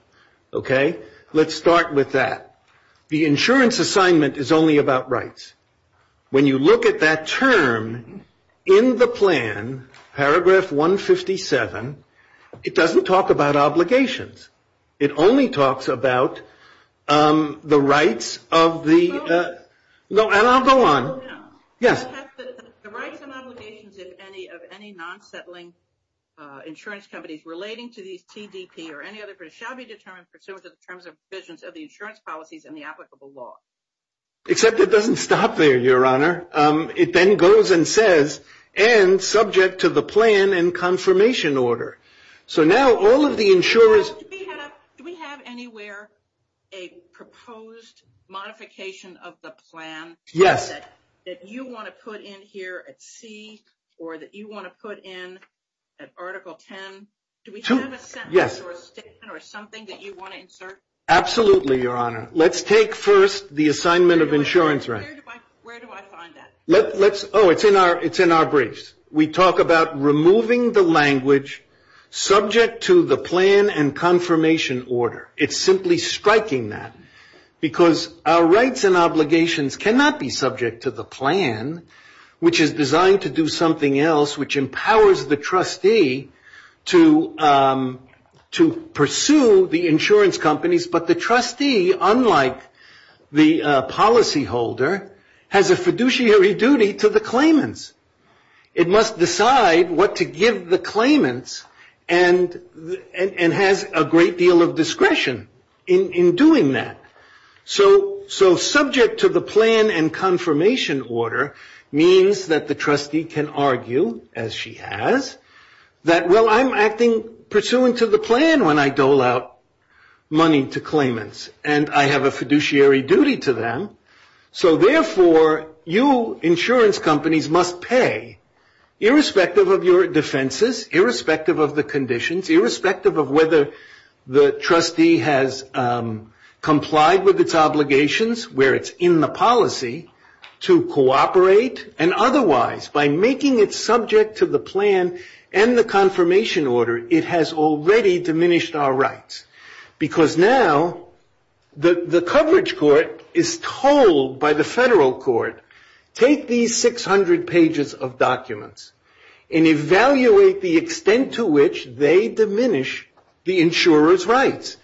Okay? Let's start with that. The insurance assignment is only about rights. When you look at that term in the plan, paragraph 157, it doesn't talk about obligations. It only talks about the rights of the --. No, and I'll go on. Yes. The rights and obligations of any non-settling insurance companies relating to insurance policies and the applicable law. Except it doesn't stop there, Your Honor. It then goes and says, and subject to the plan and confirmation order. So now all of the insurance --. Do we have anywhere a proposed modification of the plan that you want to put in here at C or that you want to put in at article 10? Yes. Or something that you want to insert? Absolutely, Your Honor. Let's take first the assignment of insurance rights. Where do I find that? Oh, it's in our briefs. We talk about removing the language subject to the plan and confirmation order. It's simply striking that. Because our rights and obligations cannot be subject to the plan, which is designed to do something else, which empowers the trustee to pursue the insurance companies. But the trustee, unlike the policy holder, has a fiduciary duty to the claimants. It must decide what to give the claimants and has a great deal of discretion in doing that. So subject to the plan and confirmation order means that the trustee can argue, as she has, that, well, I'm acting pursuant to the plan when I dole out money to claimants and I have a fiduciary duty to them. So therefore, you insurance companies must pay, irrespective of your defenses, irrespective of the conditions, irrespective of whether the trustee has complied with its obligations, where it's in the policy, to cooperate. And otherwise, by making it subject to the plan and the confirmation order, it has already diminished our rights. Because now the coverage court is told by the federal court, take these 600 pages of documents and evaluate the extent to which they diminish the insurer's rights.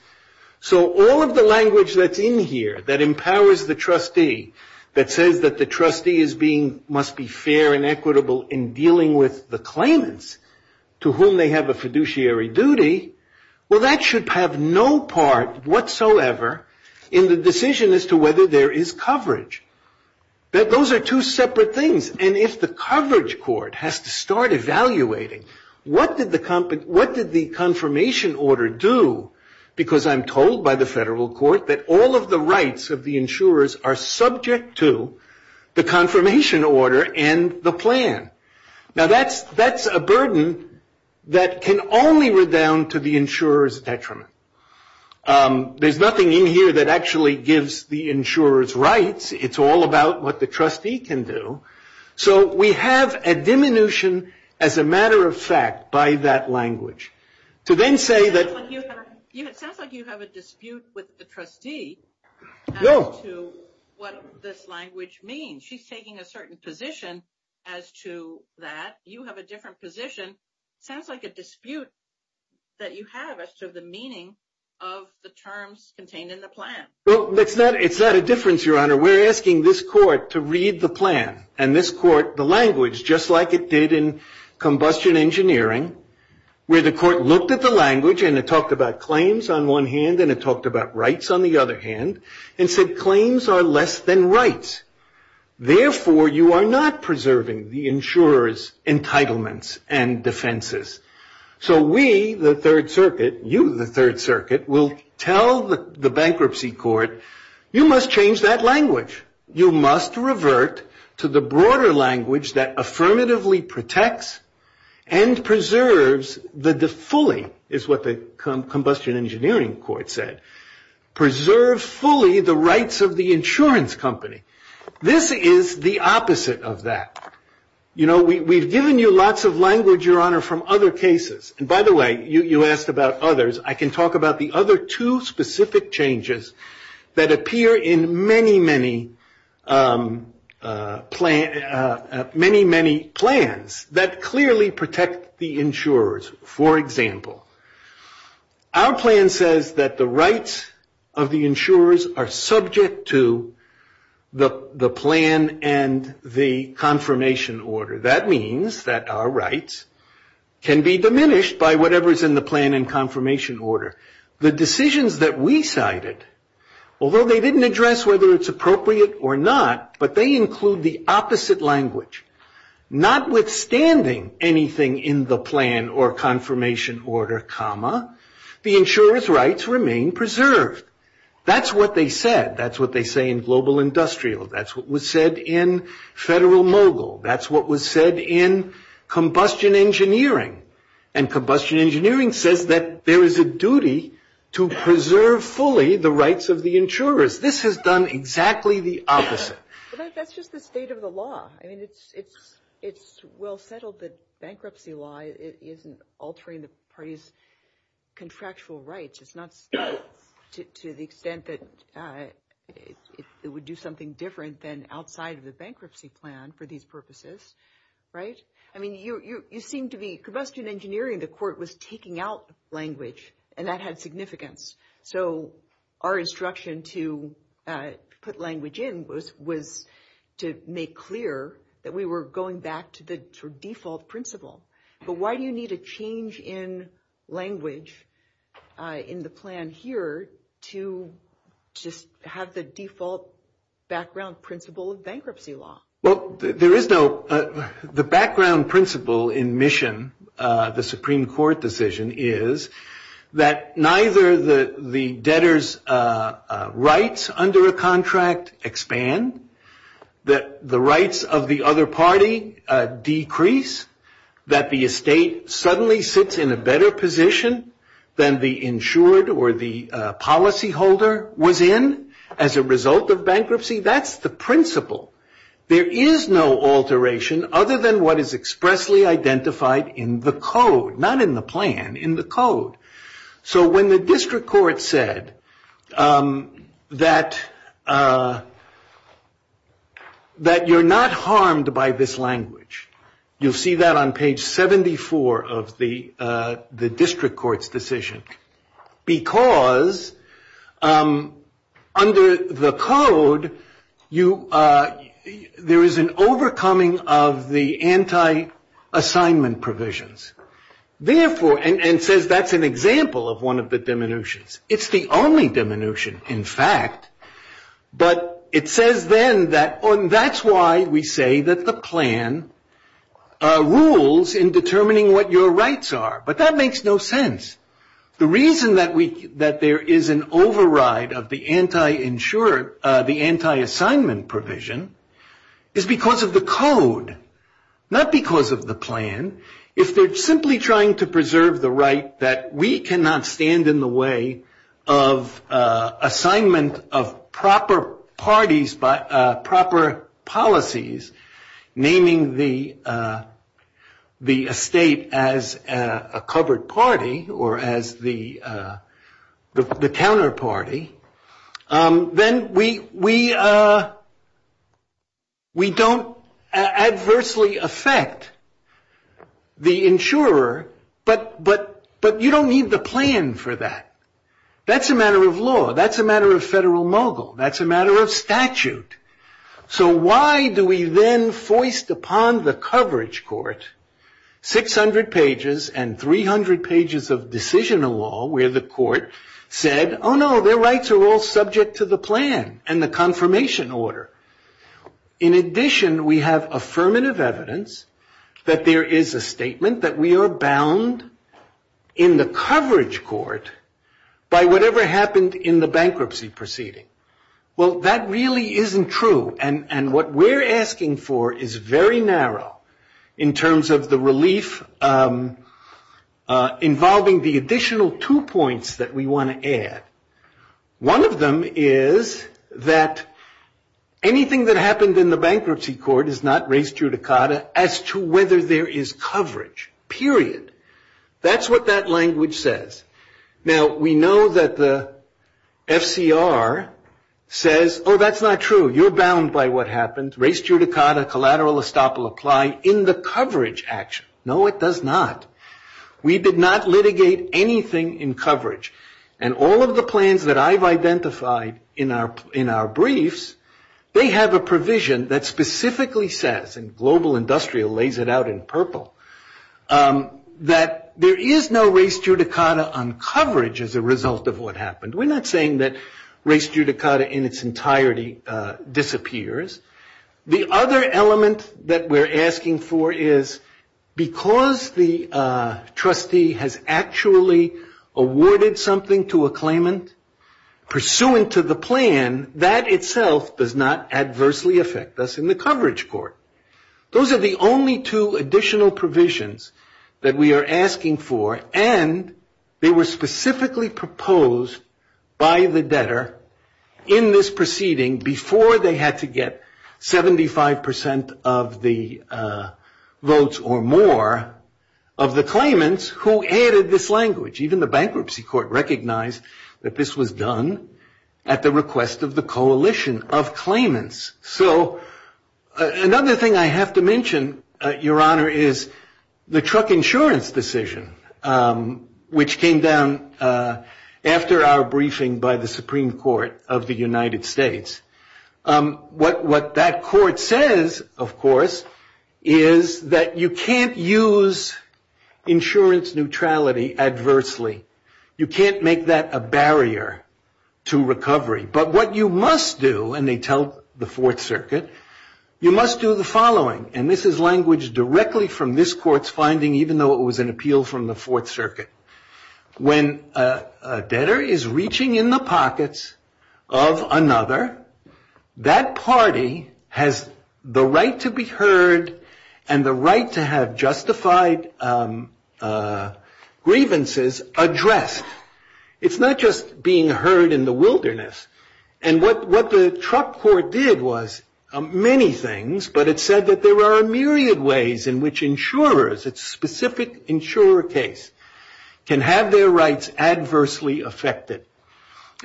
So all of the language that's in here that empowers the trustee, that says that the trustee must be fair and equitable in dealing with the claimants to whom they have a fiduciary duty, well, that should have no part whatsoever in the decision as to whether there is coverage. Those are two separate things. And if the coverage court has to start evaluating, what did the confirmation order do, because I'm told by the federal court that all of the rights of the insurers are subject to the confirmation order and the plan. Now that's a burden that can only redound to the insurer's detriment. There's nothing in here that actually gives the insurers rights. It's all about what the trustee can do. So we have a diminution as a matter of fact by that language. To then say that you have a dispute with the trustee as to what this language means. She's taking a certain position as to that. You have a different position. Sounds like a dispute that you have as to the meaning of the terms contained in the plan. It's not a difference, Your Honor. We're asking this court to read the plan and this court the language, just like it did in combustion engineering, where the court looked at the language and it talked about claims on one hand and it talked about rights on the other hand, and said claims are less than rights. Therefore, you are not preserving the insurer's entitlements and defenses. So we, the Third Circuit, you, the Third Circuit, will tell the bankruptcy court, you must change that language. You must revert to the broader language that affirmatively protects and preserves fully, is what the combustion engineering court said, preserves fully the rights of the insurance company. This is the opposite of that. You know, we've given you lots of language, Your Honor, from other cases. And by the way, you asked about others. I can talk about the other two specific changes that appear in many, many plans that clearly protect the insurers. For example, our plan says that the rights of the insurers are subject to the plan and the confirmation order. That means that our rights can be diminished by whatever is in the plan and confirmation order. The decisions that we cited, although they didn't address whether it's appropriate or not, but they include the opposite language. Notwithstanding anything in the plan or confirmation order, the insurer's rights remain preserved. That's what they said. That's what they say in global industrial. That's what was said in federal mogul. That's what was said in combustion engineering. And combustion engineering says that there is a duty to preserve fully the rights of the insurers. This has done exactly the opposite. But that's just the state of the law. I mean, it's well settled that bankruptcy law isn't altering the party's contractual rights. It's not to the extent that it would do something different than outside of the Right? I mean, you seem to be – combustion engineering, the court was taking out language, and that had significance. So our instruction to put language in was to make clear that we were going back to the default principle. But why do you need a change in language in the plan here to just have the default background principle of bankruptcy law? Well, there is no – the background principle in mission, the Supreme Court decision, is that neither the debtor's rights under a contract expand, that the rights of the other party decrease, that the estate suddenly sits in a better position than the insured or the policyholder was in as a result of bankruptcy. You see, that's the principle. There is no alteration other than what is expressly identified in the code, not in the plan, in the code. So when the district court said that you're not harmed by this language, you'll see that on page 74 of the district court's decision, because under the code, you – there is an overcoming of the anti-assignment provisions. Therefore – and it says that's an example of one of the diminutions. It's the only diminution, in fact. But it says then that – and that's why we say that the plan rules in determining what your rights are. But that makes no sense. The reason that we – that there is an override of the anti-insured – the anti-assignment provision is because of the code, not because of the plan. If they're simply trying to preserve the right that we cannot stand in the way of assignment of proper parties, proper policies, naming the estate as a covered party or as the counterparty, then we don't adversely affect the insurer. But you don't need the plan for that. That's a matter of law. That's a matter of federal mogul. That's a matter of statute. So why do we then foist upon the coverage court 600 pages and 300 pages of decision law where the court said, oh, no, their rights are all subject to the plan and the confirmation order? In addition, we have affirmative evidence that there is a statement that we are bound in the coverage court by whatever happened in the bankruptcy proceeding. Well, that really isn't true. And what we're asking for is very narrow in terms of the relief involving the additional two points that we want to add. One of them is that anything that happens in the bankruptcy court is not raised judicata as to whether there is coverage, period. That's what that language says. Now, we know that the FCR says, oh, that's not true, you're bound by what happens, raised judicata, collateral estoppel applied in the coverage action. No, it does not. We did not litigate anything in coverage. And all of the plans that I've identified in our briefs, they have a provision that global industrial lays it out in purple, that there is no raised judicata on coverage as a result of what happened. We're not saying that raised judicata in its entirety disappears. The other element that we're asking for is because the trustee has actually awarded something to a claimant pursuant to the plan, that itself does not adversely affect us in the coverage court. Those are the only two additional provisions that we are asking for. And they were specifically proposed by the debtor in this proceeding before they had to get 75% of the votes or more of the claimants who added this language. Even the bankruptcy court recognized that this was done at the request of the So another thing I have to mention, Your Honor, is the truck insurance decision, which came down after our briefing by the Supreme Court of the United States. What that court says, of course, is that you can't use insurance neutrality adversely. You can't make that a barrier to recovery. But what you must do, and they tell the Fourth Circuit, you must do the following, and this is language directly from this court's finding, even though it was an appeal from the Fourth Circuit. When a debtor is reaching in the pockets of another, that party has the right to be heard and the right to have justified grievances addressed. It's not just being heard in the wilderness. And what the truck court did was many things, but it said that there are a myriad of ways in which insurers, a specific insurer case, can have their rights adversely affected.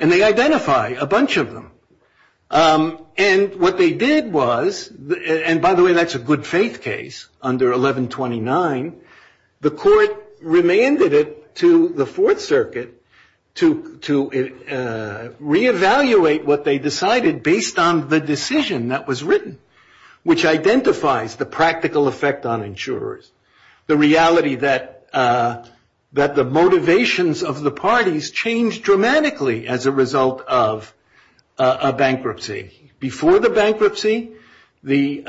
And they identify a bunch of them. And what they did was, and by the way, that's a good faith case under 1129, the court remanded it to the Fourth Circuit to reevaluate what they decided based on the decision that was written, which identifies the practical effect on insurers, the reality that the motivations of the parties changed dramatically as a result of a bankruptcy. Before the bankruptcy, the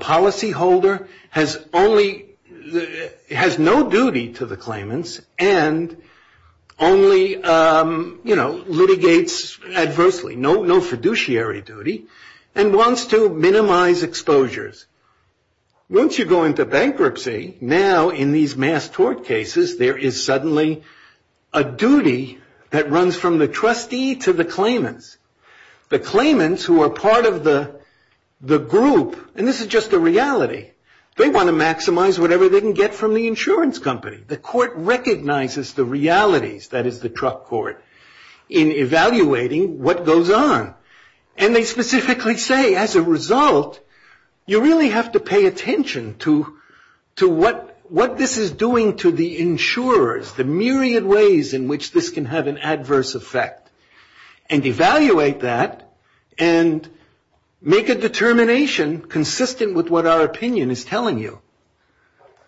policyholder has no duty to the claimants and only litigates adversely, no fiduciary duty, and wants to minimize exposures. Once you go into bankruptcy, now in these mass tort cases, there is suddenly a duty that runs from the trustee to the claimants. The claimants who are part of the group, and this is just the reality, they want to maximize whatever they can get from the insurance company. The court recognizes the realities, that is the truck court, in evaluating what goes on. And they specifically say, as a result, you really have to pay attention to what this is doing to the insurers, the myriad ways in which this can have an adverse effect, and evaluate that, and make a determination consistent with what our opinion is telling you.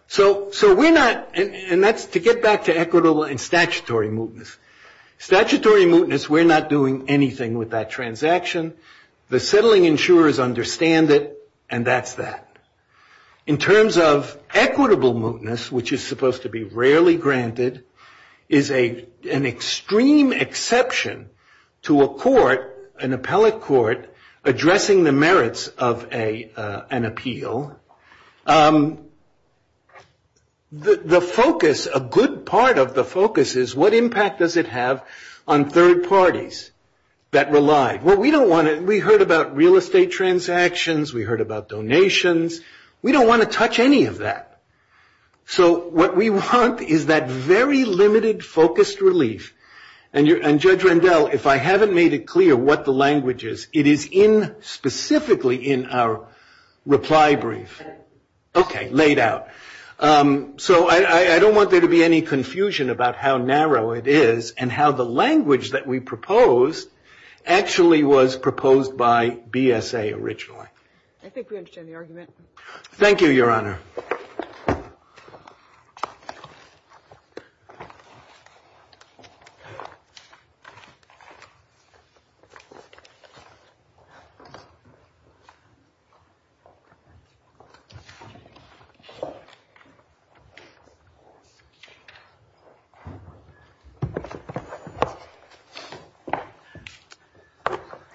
So we're not, and that's to get back to equitable and statutory mootness. Statutory mootness, we're not doing anything with that transaction. The settling insurers understand it, and that's that. In terms of equitable mootness, which is supposed to be rarely granted, is an extreme exception to a court, an appellate court, addressing the merits of an appeal. The focus, a good part of the focus, is what impact does it have on third parties that rely? We heard about real estate transactions. We heard about donations. We don't want to touch any of that. So what we want is that very limited, focused relief. And Judge Rendell, if I haven't made it clear what the language is, it is in, specifically, in our reply brief. Okay, laid out. So I don't want there to be any confusion about how narrow it is, and how the language that we propose actually was proposed by BSA originally. I think we understand the argument. Thank you, Your Honor.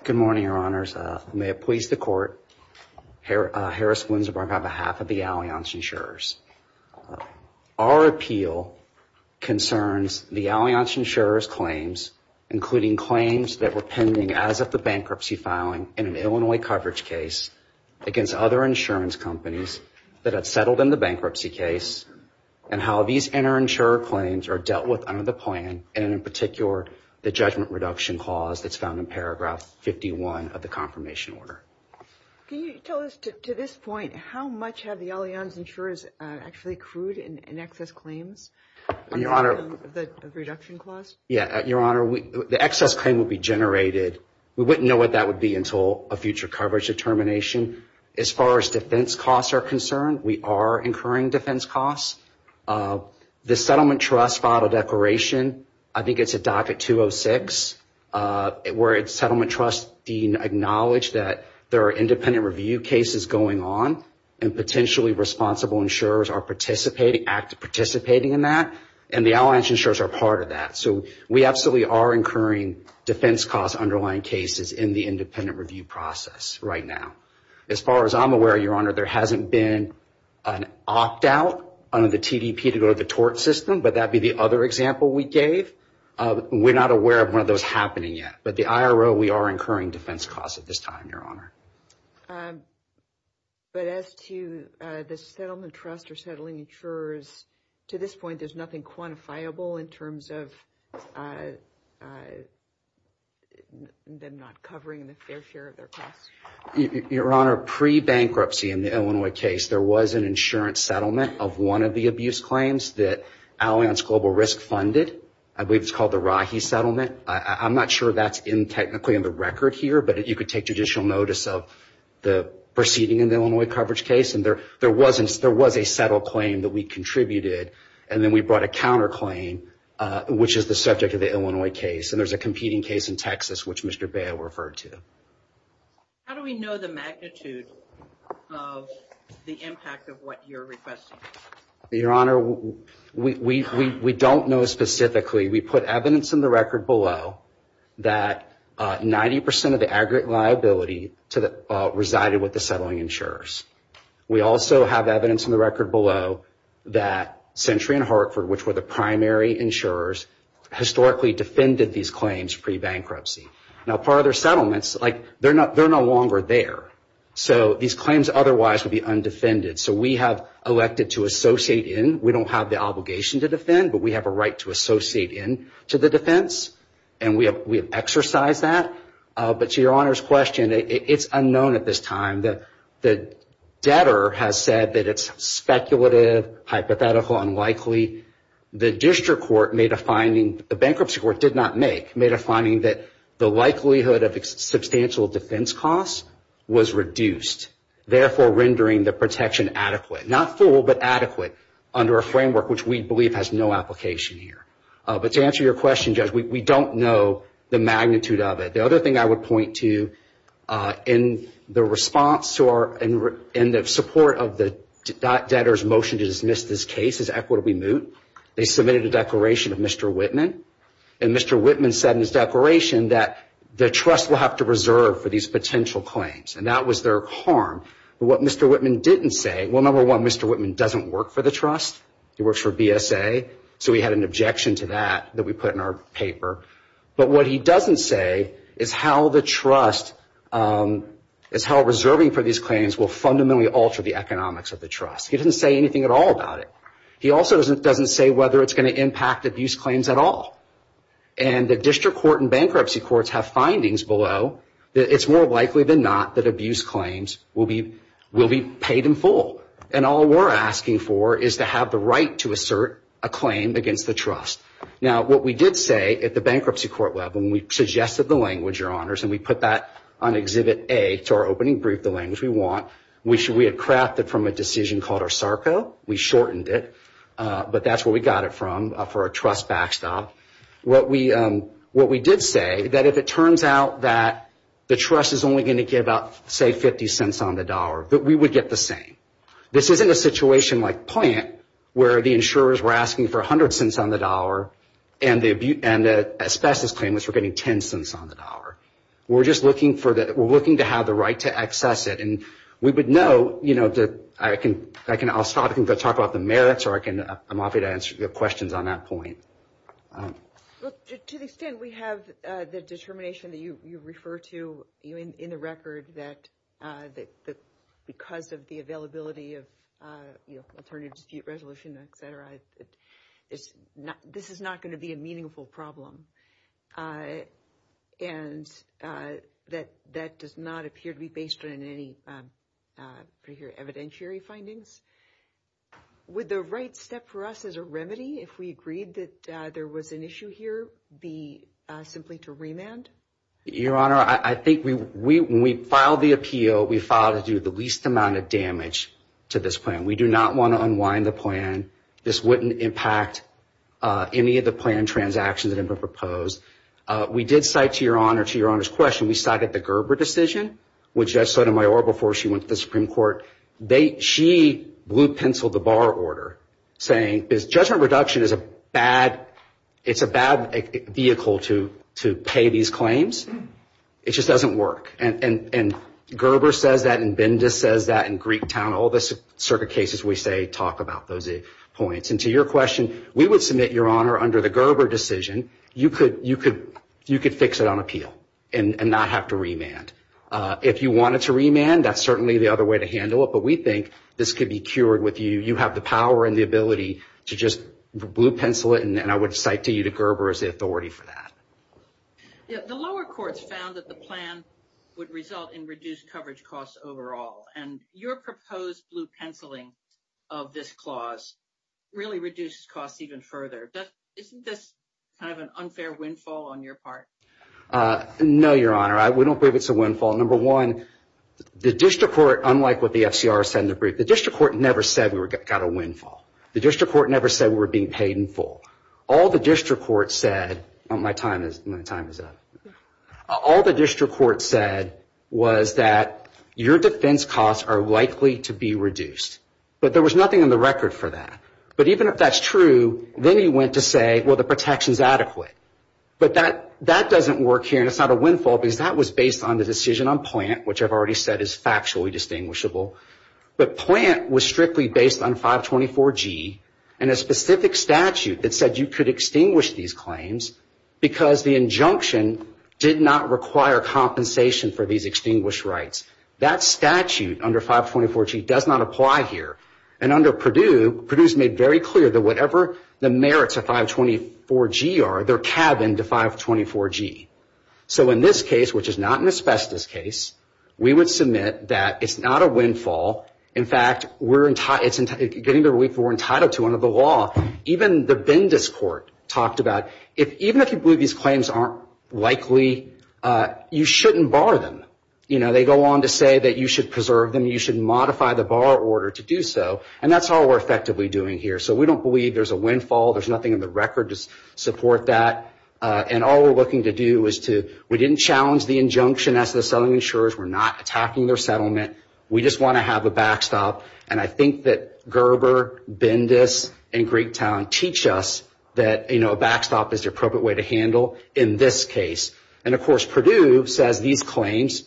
Good morning, Your Honors. May it please the Court, Harris Winsbrook on behalf of the Alliance Insurers. Our appeal concerns the Alliance Insurers' claims, including claims that were pending as of the bankruptcy filing in an Illinois coverage case against other insurance companies that had settled in the bankruptcy case, and how these inter-insurer claims are dealt with under the plan, and in particular, the judgment reduction clause that's found in paragraph 51 of the confirmation order. Can you tell us, to this point, how much have the Alliance Insurers actually accrued in excess claims? Your Honor. The reduction clause? Yeah, Your Honor, the excess claim will be generated. We wouldn't know what that would be until a future coverage determination. As far as defense costs are concerned, we are incurring defense costs. The Settlement Trust filed a declaration, I think it's a docket 206, where Settlement Trust being acknowledged that there are independent review cases going on, and potentially responsible insurers are participating in that, and the Alliance Insurers are part of that. So we absolutely are incurring defense costs underlying cases in the independent review process right now. As far as I'm aware, Your Honor, there hasn't been an opt-out under the TDP to go to the tort system, but that would be the other example we gave. We're not aware of one of those happening yet. But the IRO, we are incurring defense costs at this time, Your Honor. But as to the Settlement Trust or settling insurers, to this point, there's nothing quantifiable in terms of them not covering their fair share of their costs? Your Honor, pre-bankruptcy in the Illinois case, there was an insurance settlement of one of the abuse claims that Alliance Global Risk funded. I believe it's called the Rahi Settlement. I'm not sure that's technically in the record here, but you could take judicial notice of the proceeding in the Illinois coverage case. And there was a settled claim that we contributed, and then we brought a counterclaim, which is the subject of the Illinois case. And there's a competing case in Texas, which Mr. Bail referred to. How do we know the magnitude of the impact of what you're requesting? Your Honor, we don't know specifically. We put evidence in the record below that 90% of the aggregate liability resided with the settling insurers. We also have evidence in the record below that Century and Hartford, which were the primary insurers, historically defended these claims pre-bankruptcy. Now, part of their settlements, they're no longer there. So these claims otherwise would be undefended. So we have elected to associate in. We don't have the obligation to defend, but we have a right to associate in to the defense, and we have exercised that. But to Your Honor's question, it's unknown at this time. The debtor has said that it's speculative, hypothetical, unlikely. The district court made a finding, the bankruptcy court did not make, made a finding that the likelihood of substantial defense costs was reduced, therefore rendering the protection adequate. Not full, but adequate under a framework which we believe has no application here. But to answer your question, Judge, we don't know the magnitude of it. The other thing I would point to in the response to our, in the support of the debtor's motion to dismiss this case as equitably moot, they submitted a declaration of Mr. Whitman. And Mr. Whitman said in his declaration that the trust will have to reserve for these potential claims. And that was their harm. But what Mr. Whitman didn't say, well, number one, Mr. Whitman doesn't work for the trust. He works for BSA. So he had an objection to that that we put in our paper. But what he doesn't say is how the trust, is how reserving for these claims will fundamentally alter the economics of the trust. He doesn't say anything at all about it. He also doesn't say whether it's going to impact abuse claims at all. And the district court and bankruptcy courts have findings below that it's more likely than not that abuse claims will be paid in full. And all we're asking for is to have the right to assert a claim against the trust. Now, what we did say at the bankruptcy court level, and we suggested the language, Your Honors, and we put that on Exhibit A to our opening brief, the language we want, which we had crafted from a decision called our SARCO. We shortened it. But that's where we got it from for a trust backstop. What we did say, that if it turns out that the trust is only going to give up, say, 50 cents on the dollar, that we would get the same. This isn't a situation like plant where the insurers were asking for 100 cents on the dollar and the specialist claimants were getting 10 cents on the dollar. We're just looking to have the right to access it. And we would know, you know, I'll stop and go talk about the merits, or I'm happy to answer your questions on that point. To the extent we have the determination that you refer to in the record that because of the availability of, you know, alternative dispute resolution, et cetera, this is not going to be a meaningful problem. And that does not appear to be based on any evidentiary findings. Would the right step for us as a remedy, if we agreed that there was an issue here, be simply to remand? Your Honor, I think when we filed the appeal, we filed it due to the least amount of damage to this plan. We do not want to unwind the plan. This wouldn't impact any of the plan transactions that have been proposed. We did cite, to Your Honor's question, we cited the Gerber decision, which Judge Sotomayor, before she went to the Supreme Court, she blue-penciled the bar order, saying judgment reduction is a bad vehicle to pay these claims. It just doesn't work. And Gerber says that, and Binda says that, and Greektown, all the circuit cases we say talk about those points. And to your question, we would submit, Your Honor, under the Gerber decision, you could fix it on appeal and not have to remand. If you wanted to remand, that's certainly the other way to handle it, but we think this could be cured with you. You have the power and the ability to just blue-pencil it, and I would cite to you the Gerber as the authority for that. The lower courts found that the plan would result in reduced coverage costs overall, and your proposed blue-penciling of this clause really reduces costs even further. Isn't this kind of an unfair windfall on your part? No, Your Honor. We don't believe it's a windfall. Number one, the district court, unlike what the FCR said in the brief, the district court never said we got a windfall. The district court never said we were being paid in full. All the district court said – my time is up – all the district court said was that your defense costs are likely to be reduced. But there was nothing in the record for that. But even if that's true, then he went to say, well, the protection is adequate. But that doesn't work here, and it's not a windfall, because that was based on the decision on plant, which I've already said is factually distinguishable. But plant was strictly based on 524G and a specific statute that said you could extinguish these claims because the injunction did not require compensation for these extinguished rights. That statute under 524G does not apply here. And under Purdue, Purdue has made very clear that whatever the merits of 524G are, they're tabbed into 524G. So in this case, which is not an asbestos case, we would submit that it's not a windfall. In fact, it's getting the relief we're entitled to under the law. Even the Bendis court talked about, even if you believe these claims aren't likely, you shouldn't bar them. They go on to say that you should preserve them. You should modify the bar order to do so. And that's all we're effectively doing here. So we don't believe there's a windfall. There's nothing in the record to support that. And all we're looking to do is to – we didn't challenge the injunction as the settlement insurers. We're not attacking their settlement. We just want to have a backstop. And I think that Gerber, Bendis, and Great Town teach us that a backstop is the appropriate way to handle in this case. And, of course, Purdue says these claims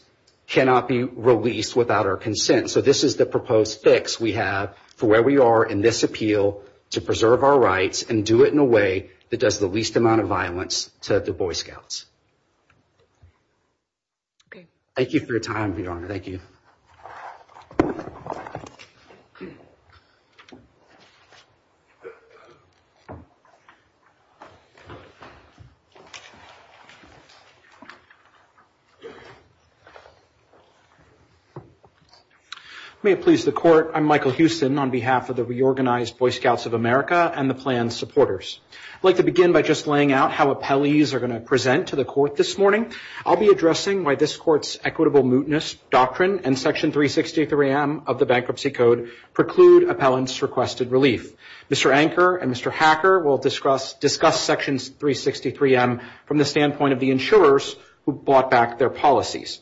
cannot be released without our consent. So this is the proposed fix we have for where we are in this appeal to preserve our rights and do it in a way that does the least amount of violence, said the Boy Scouts. Okay. Thank you for your time, Your Honor. Thank you. May it please the court, I'm Michael Houston on behalf of the Reorganized Boy Scouts of America and the planned supporters. I'd like to begin by just laying out how appellees are going to present to the court this morning. I'll be addressing why this court's equitable mootness doctrine and Section 363M of the Bankruptcy Code preclude appellants' requested relief. Mr. Anker and Mr. Hacker will discuss Section 363M from the standpoint of the insurers who brought back their policies.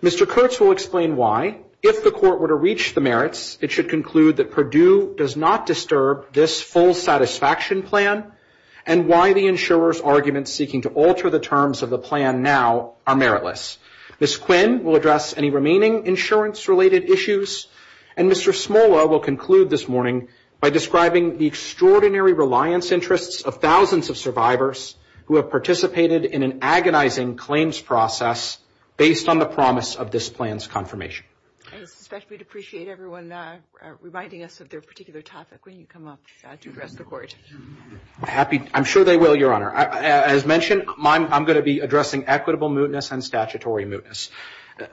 Mr. Kurtz will explain why, if the court were to reach the merits, it should conclude that Purdue does not disturb this full satisfaction plan and why the insurers' arguments seeking to alter the terms of the plan now are meritless. Ms. Quinn will address any remaining insurance-related issues. And Mr. Smola will conclude this morning by describing the extraordinary reliance interests of thousands of survivors who have participated in an agonizing claims process based on the promise of this plan's confirmation. I'd especially appreciate everyone reminding us of their particular topic when you come up to address the court. I'm sure they will, Your Honor. As mentioned, I'm going to be addressing equitable mootness and statutory mootness.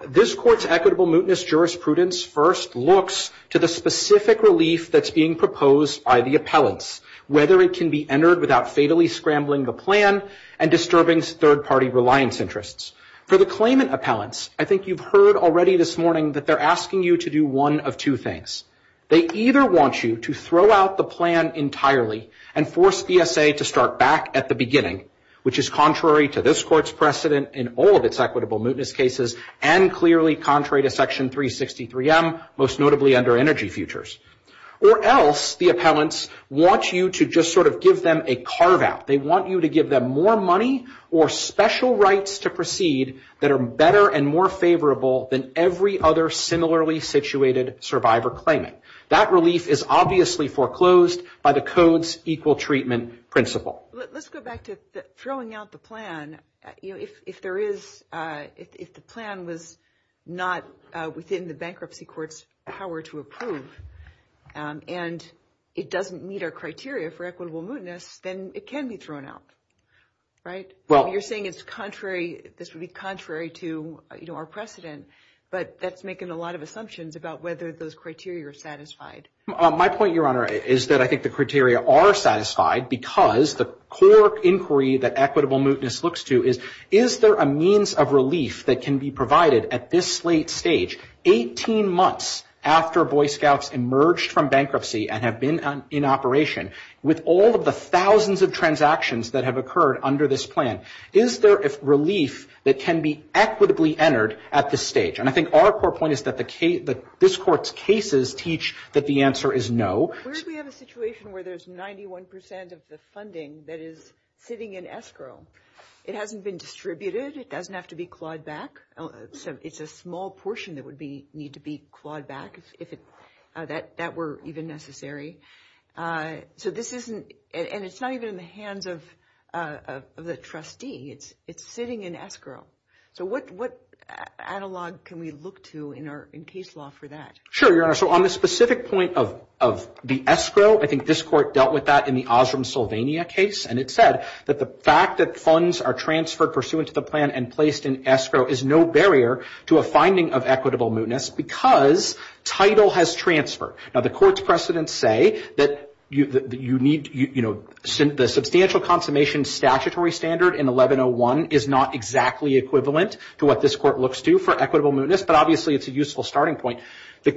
This court's equitable mootness jurisprudence first looks to the specific relief that's being proposed by the appellants, whether it can be entered without fatally scrambling the plan and disturbing third-party reliance interests. For the claimant appellants, I think you've heard already this morning that they're asking you to do one of two things. They either want you to throw out the plan entirely and force BSA to start back at the beginning, which is contrary to this court's precedent in all of its equitable mootness cases and clearly contrary to Section 363M, most notably under energy futures. Or else the appellants want you to just sort of give them a carve-out. They want you to give them more money or special rights to proceed that are better and more favorable than every other similarly situated survivor claimant. That relief is obviously foreclosed by the code's equal treatment principle. Let's go back to throwing out the plan. If the plan was not within the bankruptcy court's power to approve and it doesn't meet our criteria for equitable mootness, then it can be thrown out, right? You're saying this would be contrary to our precedent, but that's making a lot of assumptions about whether those criteria are satisfied. My point, Your Honor, is that I think the criteria are satisfied because the core inquiry that equitable mootness looks to is, is there a means of relief that can be provided at this late stage, 18 months after Boy Scouts emerged from bankruptcy and have been in operation, with all of the thousands of transactions that have occurred under this plan? Is there a relief that can be equitably entered at this stage? And I think our core point is that this court's cases teach that the answer is no. What if we have a situation where there's 91% of the funding that is sitting in escrow? It hasn't been distributed. It doesn't have to be clawed back. It's a small portion that would need to be clawed back if that were even necessary. So this isn't, and it's not even in the hands of the trustee. It's sitting in escrow. So what analog can we look to in case law for that? Sure, Your Honor. So on the specific point of the escrow, I think this court dealt with that in the Osram-Sylvania case, and it said that the fact that funds are transferred pursuant to the plan and placed in escrow is no barrier to a finding of equitable mootness because title has transferred. Now, the court's precedents say that the substantial consummation statutory standard in 1101 is not exactly equivalent to what this court looks to for equitable mootness, but obviously it's a useful starting point. The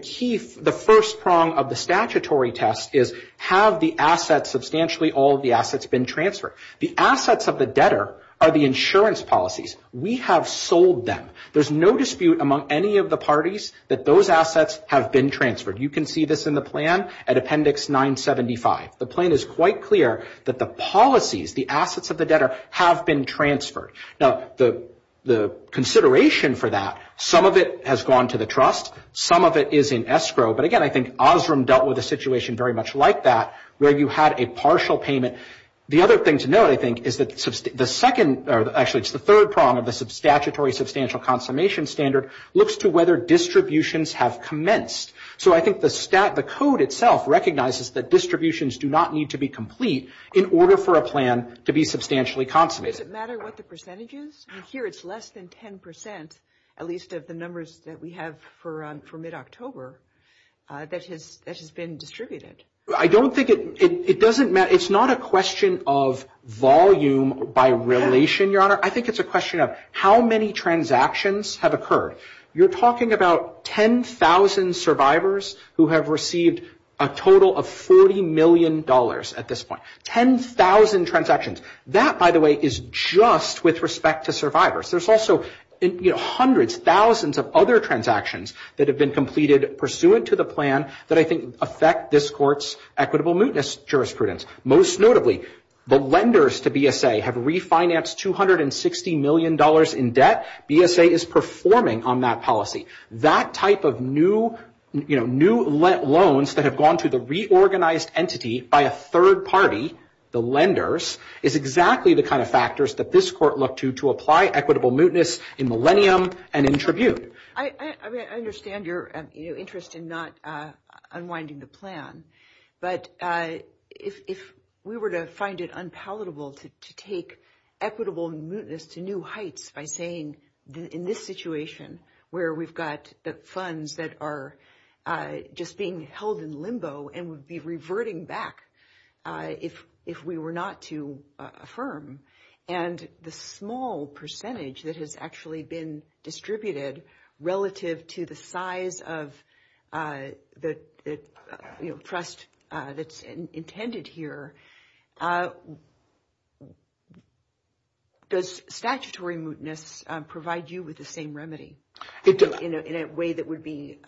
first prong of the statutory test is have the assets, substantially all of the assets, been transferred? The assets of the debtor are the insurance policies. We have sold them. There's no dispute among any of the parties that those assets have been transferred. You can see this in the plan at Appendix 975. The plan is quite clear that the policies, the assets of the debtor, have been transferred. Now, the consideration for that, some of it has gone to the trust, some of it is in escrow, but again, I think Osram dealt with a situation very much like that where you had a partial payment. The other thing to note, I think, is the third prong of the statutory substantial consummation standard looks to whether distributions have commenced. So I think the code itself recognizes that distributions do not need to be complete in order for a plan to be substantially consummated. Does it matter what the percentage is? Here it's less than 10%, at least of the numbers that we have for mid-October, that has been distributed. I don't think it doesn't matter. It's not a question of volume by relation, Your Honor. I think it's a question of how many transactions have occurred. You're talking about 10,000 survivors who have received a total of $40 million at this point. 10,000 transactions. That, by the way, is just with respect to survivors. There's also hundreds, thousands of other transactions that have been completed pursuant to the plan that I think affect this court's equitable mootness jurisprudence. Most notably, the lenders to BSA have refinanced $260 million in debt. BSA is performing on that policy. That type of new loans that have gone to the reorganized entity by a third party, the lenders, is exactly the kind of factors that this court looked to to apply equitable mootness in Millennium and in Tribune. I understand your interest in not unwinding the plan, but if we were to find it unpalatable to take equitable mootness to new heights by saying, in this situation where we've got the funds that are just being held in limbo and would be reverting back if we were not to affirm, and the small percentage that has actually been distributed relative to the size of the trust that's intended here, does statutory mootness provide you with the same remedy in a way that would be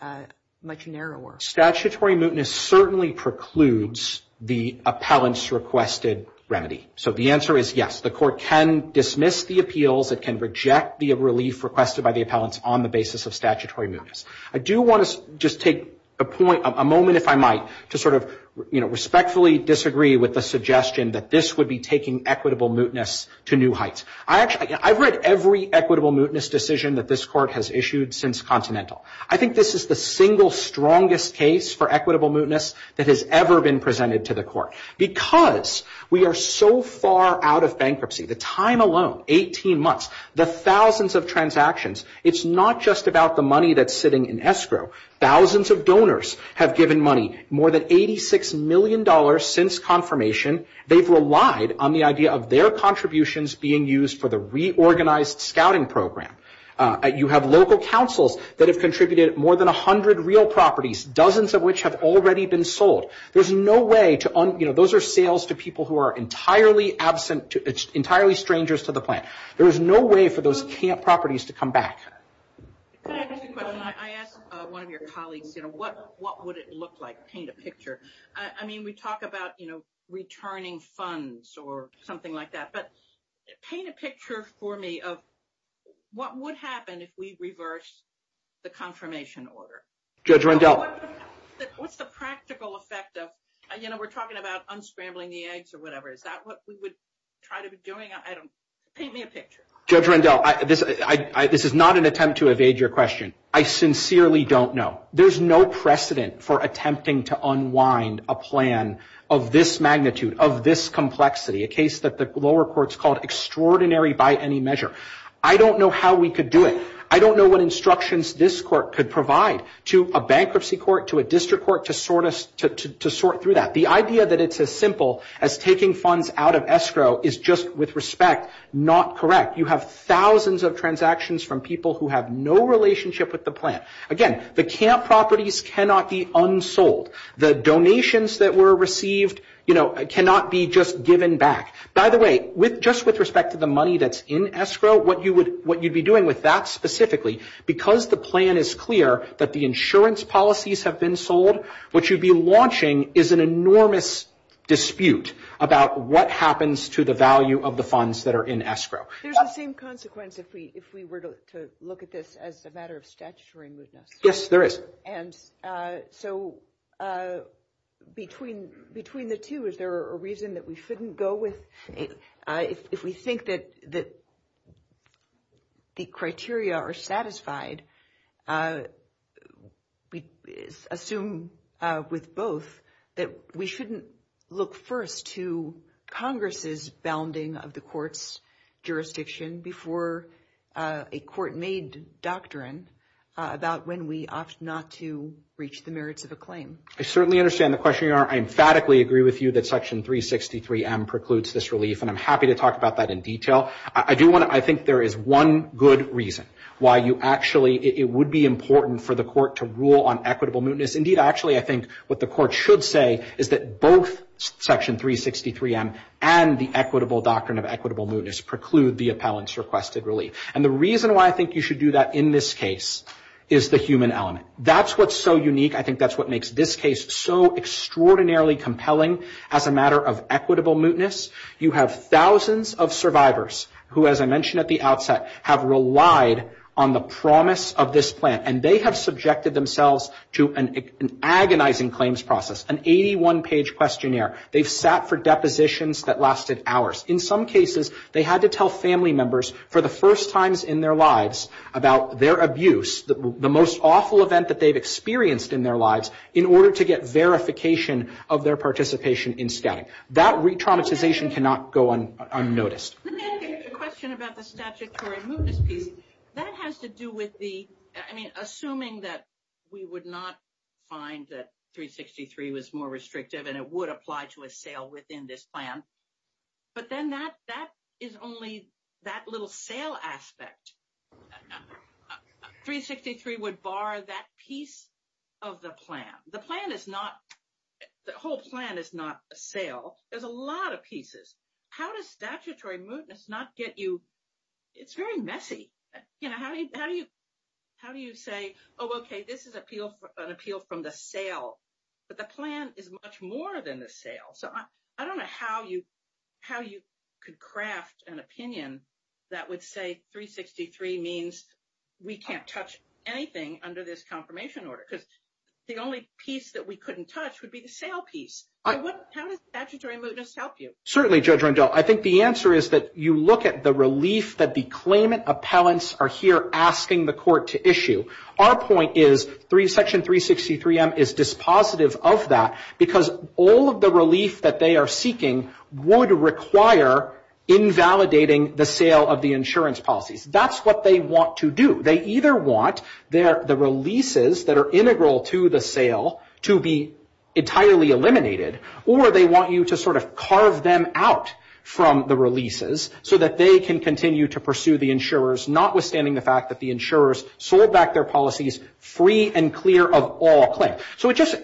much narrower? Statutory mootness certainly precludes the appellant's requested remedy. So the answer is yes. The court can dismiss the appeals. It can reject the relief requested by the appellants on the basis of statutory mootness. I do want to just take a moment, if I might, to sort of respectfully disagree with the suggestion that this would be taking equitable mootness to new heights. I've read every equitable mootness decision that this court has issued since Continental. I think this is the single strongest case for equitable mootness that has ever been presented to the court because we are so far out of bankruptcy. The time alone, 18 months, the thousands of transactions, it's not just about the money that's sitting in escrow. Thousands of donors have given money, more than $86 million since confirmation. They've relied on the idea of their contributions being used for the reorganized scouting program. You have local councils that have contributed more than 100 real properties, dozens of which have already been sold. Those are sales to people who are entirely absent, entirely strangers to the plant. There is no way for those properties to come back. Can I ask you a question? I asked one of your colleagues, what would it look like? Paint a picture. I mean, we talk about returning funds or something like that, but paint a picture for me of what would happen if we reversed the confirmation order. Judge Rundell. What's the practical effect of, you know, we're talking about unscrambling the eggs or whatever. Is that what we would try to be doing? Paint me a picture. Judge Rundell, this is not an attempt to evade your question. I sincerely don't know. There's no precedent for attempting to unwind a plan of this magnitude, of this complexity, a case that the lower courts call extraordinary by any measure. I don't know how we could do it. I don't know what instructions this court could provide to a bankruptcy court, to a district court to sort through that. The idea that it's as simple as taking funds out of escrow is just, with respect, not correct. You have thousands of transactions from people who have no relationship with the plant. Again, the camp properties cannot be unsold. The donations that were received, you know, cannot be just given back. By the way, just with respect to the money that's in escrow, I don't know what you'd be doing with that specifically. Because the plan is clear that the insurance policies have been sold, what you'd be launching is an enormous dispute about what happens to the value of the funds that are in escrow. There's the same consequence if we were to look at this as a matter of statutory movement. Yes, there is. And so between the two, is there a reason that we shouldn't go with? If we think that the criteria are satisfied, we assume with both that we shouldn't look first to Congress's bounding of the court's jurisdiction before a court-made doctrine about when we opt not to reach the merits of a claim. I certainly understand the question. I emphatically agree with you that Section 363M precludes this relief, and I'm happy to talk about that in detail. I think there is one good reason why it would be important for the court to rule on equitable mootness. Indeed, actually, I think what the court should say is that both Section 363M and the equitable doctrine of equitable mootness preclude the appellant's requested relief. And the reason why I think you should do that in this case is the human element. That's what's so unique. I think that's what makes this case so extraordinarily compelling as a matter of equitable mootness. You have thousands of survivors who, as I mentioned at the outset, have relied on the promise of this plan, and they have subjected themselves to an agonizing claims process, an 81-page questionnaire. They've sat for depositions that lasted hours. In some cases, they had to tell family members for the first times in their lives about their abuse, the most awful event that they've experienced in their lives, in order to get verification of their participation in scouting. That retraumatization cannot go unnoticed. Let me ask you a question about the statute for a moot dispute. That has to do with the, I mean, assuming that we would not find that 363 was more restrictive and it would apply to a sale within this plan, but then that is only that little sale aspect. 363 would bar that piece of the plan. The plan is not, the whole plan is not a sale. There's a lot of pieces. How does statutory mootness not get you? It's very messy. How do you say, oh, okay, this is an appeal from the sale, but the plan is much more than the sale. So I don't know how you could craft an opinion that would say 363 means we can't touch anything under this confirmation order because the only piece that we couldn't touch would be the sale piece. How does statutory mootness help you? Certainly, Judge Rondeau. I think the answer is that you look at the relief that the claimant appellants are here asking the court to issue. Our point is Section 363M is dispositive of that because all of the relief that they are seeking would require invalidating the sale of the insurance policy. That's what they want to do. They either want the releases that are integral to the sale to be entirely eliminated or they want you to sort of carve them out from the releases so that they can continue to pursue the insurers, notwithstanding the fact that the insurers sold back their policies free and clear of all claims.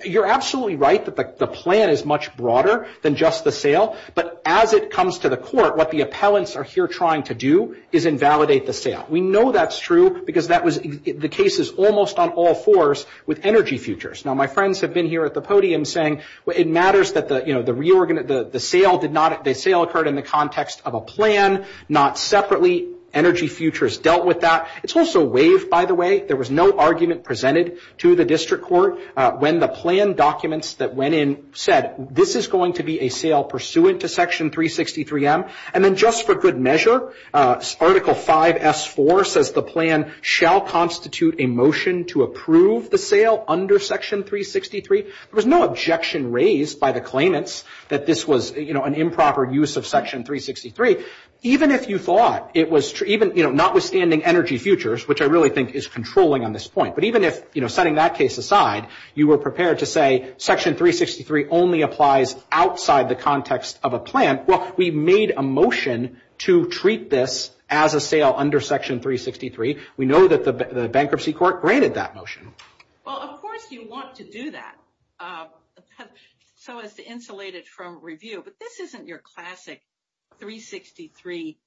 You're absolutely right that the plan is much broader than just the sale, but as it comes to the court, what the appellants are here trying to do is invalidate the sale. We know that's true because the case is almost on all fours with energy futures. Now, my friends have been here at the podium saying it matters that the sale occurred in the context of a plan, not separately. Energy futures dealt with that. It's also waived, by the way. There was no argument presented to the district court when the plan documents that went in said, this is going to be a sale pursuant to Section 363M, and then just for good measure, Article 5S4 says the plan shall constitute a motion to approve the sale under Section 363. There was no objection raised by the claimants that this was an improper use of Section 363, even if you thought it was notwithstanding energy futures, which I really think is controlling on this point. But even if, setting that case aside, you were prepared to say Section 363 only applies outside the context of a plan, well, we made a motion to treat this as a sale under Section 363. We know that the bankruptcy court granted that motion. Well, of course you want to do that, so it's insulated from review. But this isn't your classic 363,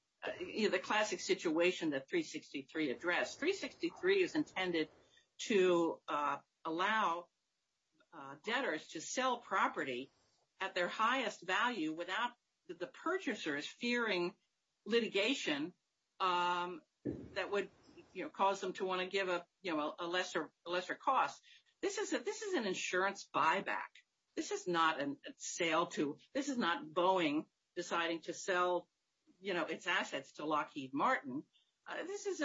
the classic situation that 363 addressed. 363 is intended to allow debtors to sell property at their highest value without the purchasers fearing litigation that would cause them to want to give a lesser cost. This is an insurance buyback. This is not a sale to – this is not Boeing deciding to sell its assets to Lockheed Martin. This is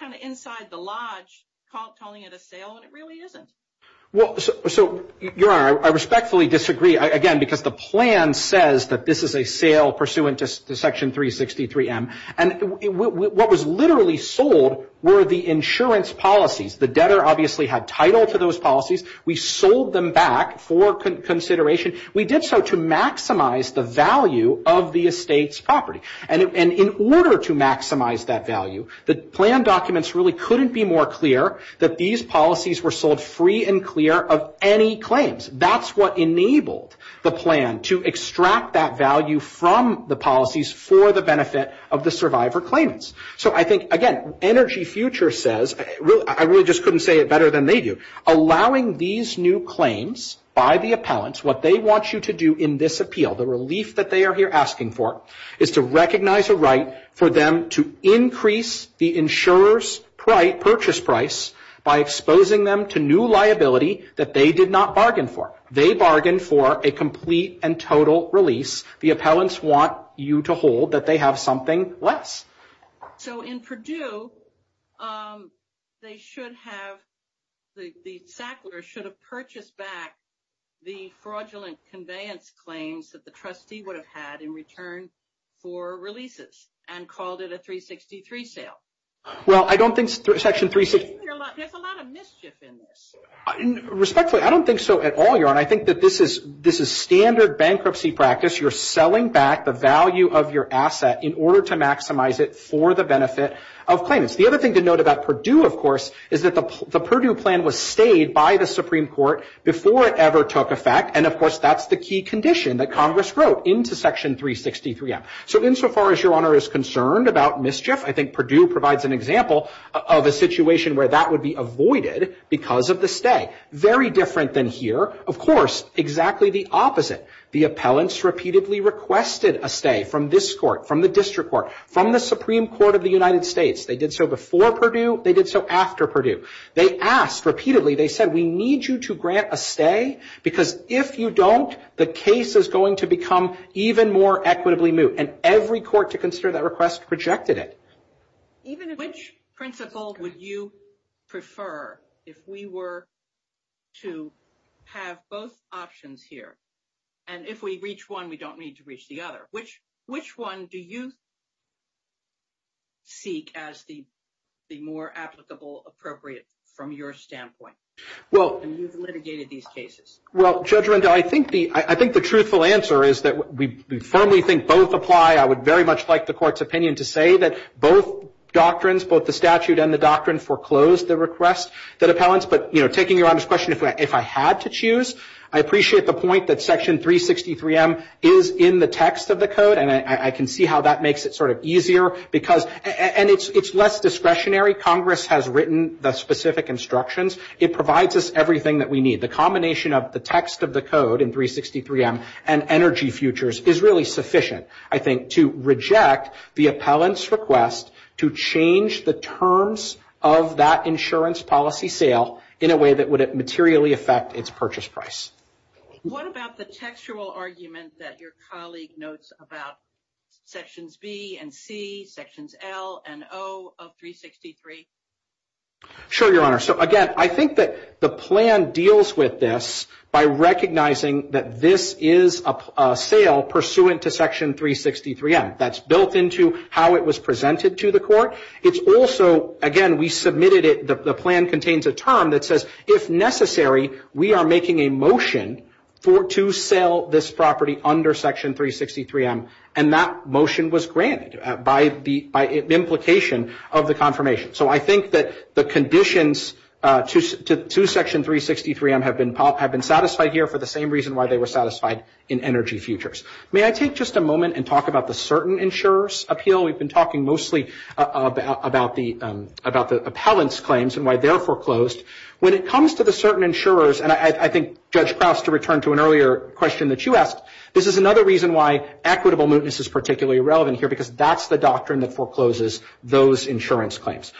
kind of inside the lodge, calling it a sale, and it really isn't. So, Your Honor, I respectfully disagree, again, because the plan says that this is a sale pursuant to Section 363M. And what was literally sold were the insurance policies. The debtor obviously had title to those policies. We sold them back for consideration. We did so to maximize the value of the estate's property. And in order to maximize that value, the plan documents really couldn't be more clear that these policies were sold free and clear of any claims. That's what enabled the plan to extract that value from the policies for the benefit of the survivor claims. So, I think, again, Energy Future says – I really just couldn't say it better than they do. Allowing these new claims by the appellants, what they want you to do in this appeal, the relief that they are here asking for, is to recognize a right for them to increase the insurer's purchase price by exposing them to new liability that they did not bargain for. They bargained for a complete and total release. The appellants want you to hold that they have something less. So, in Purdue, they should have – the Sackler should have purchased back the fraudulent conveyance claims that the trustee would have had in return for releases and called it a 363 sale. Well, I don't think Section 363 – There's a lot of mischief in this. Respectfully, I don't think so at all, Your Honor. I think that this is standard bankruptcy practice. You're selling back the value of your asset in order to maximize it for the benefit of claimants. The other thing to note about Purdue, of course, is that the Purdue plan was stayed by the Supreme Court before it ever took effect, and, of course, that's the key condition that Congress wrote into Section 363-F. So, insofar as Your Honor is concerned about mischief, I think Purdue provides an example of a situation where that would be avoided because of the stay. Very different than here. Of course, exactly the opposite. The appellants repeatedly requested a stay from this court, from the district court, from the Supreme Court of the United States. They did so before Purdue. They did so after Purdue. They asked repeatedly. They said, we need you to grant a stay because, if you don't, the case is going to become even more equitably moot, and every court to consider that request projected it. Which principle would you prefer if we were to have both options here, and if we reach one, we don't need to reach the other? Which one do you seek as the more applicable, appropriate from your standpoint? You've litigated these cases. Well, Judge Renda, I think the truthful answer is that we firmly think both apply. I would very much like the court's opinion to say that both doctrines, both the statute and the doctrine, foreclosed the request that appellants, but taking your honest question, if I had to choose, I appreciate the point that Section 363M is in the text of the code, and I can see how that makes it sort of easier. And it's less discretionary. Congress has written the specific instructions. It provides us everything that we need. The combination of the text of the code in 363M and energy futures is really sufficient, I think, to reject the appellant's request to change the terms of that insurance policy sale in a way that would materially affect its purchase price. What about the textual argument that your colleague notes about Sections B and C, Sections L and O of 363? Sure, Your Honor. So, again, I think that the plan deals with this by recognizing that this is a sale pursuant to Section 363M. That's built into how it was presented to the court. It's also, again, we submitted it, the plan contains a term that says, if necessary, we are making a motion to sell this property under Section 363M, and that motion was granted by implication of the confirmation. So I think that the conditions to Section 363M have been satisfied here for the same reason why they were satisfied in energy futures. May I take just a moment and talk about the certain insurers appeal? We've been talking mostly about the appellant's claims and why they're foreclosed. When it comes to the certain insurers, and I think Judge Krauss, to return to an earlier question that you asked, this is another reason why equitable mootness is particularly relevant here, because that's the doctrine that forecloses those insurance claims.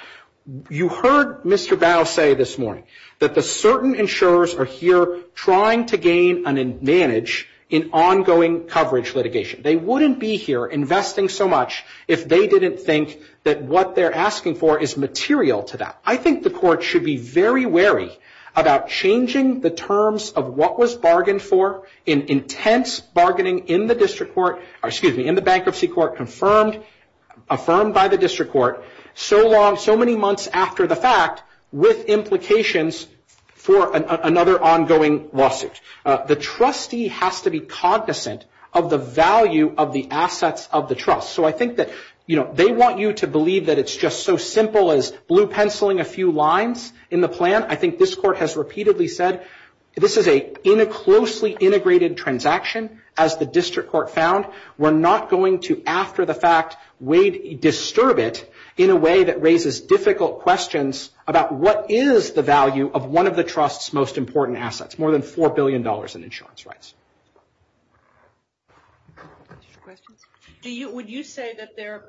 You heard Mr. Dow say this morning that the certain insurers are here trying to gain an advantage in ongoing coverage litigation. They wouldn't be here investing so much if they didn't think that what they're asking for is material to that. I think the court should be very wary about changing the terms of what was bargained for in intense bargaining in the bankruptcy court, confirmed, affirmed by the district court, so long, so many months after the fact, with implications for another ongoing lawsuit. The trustee has to be cognizant of the value of the assets of the trust. So I think that they want you to believe that it's just so simple as blue penciling a few lines in the plan. I think this court has repeatedly said this is a closely integrated transaction, as the district court found. We're not going to, after the fact, disturb it in a way that raises difficult questions about what is the value of one of the trust's most important assets, more than $4 billion in insurance rights. Next question. Would you say that they're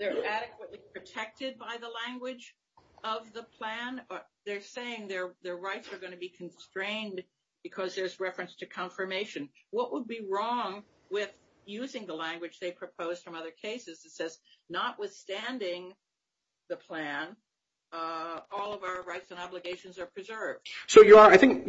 adequately protected by the language of the plan? They're saying their rights are going to be constrained because there's reference to confirmation. What would be wrong with using the language they proposed from other cases that says, notwithstanding the plan, all of our rights and obligations are preserved? I think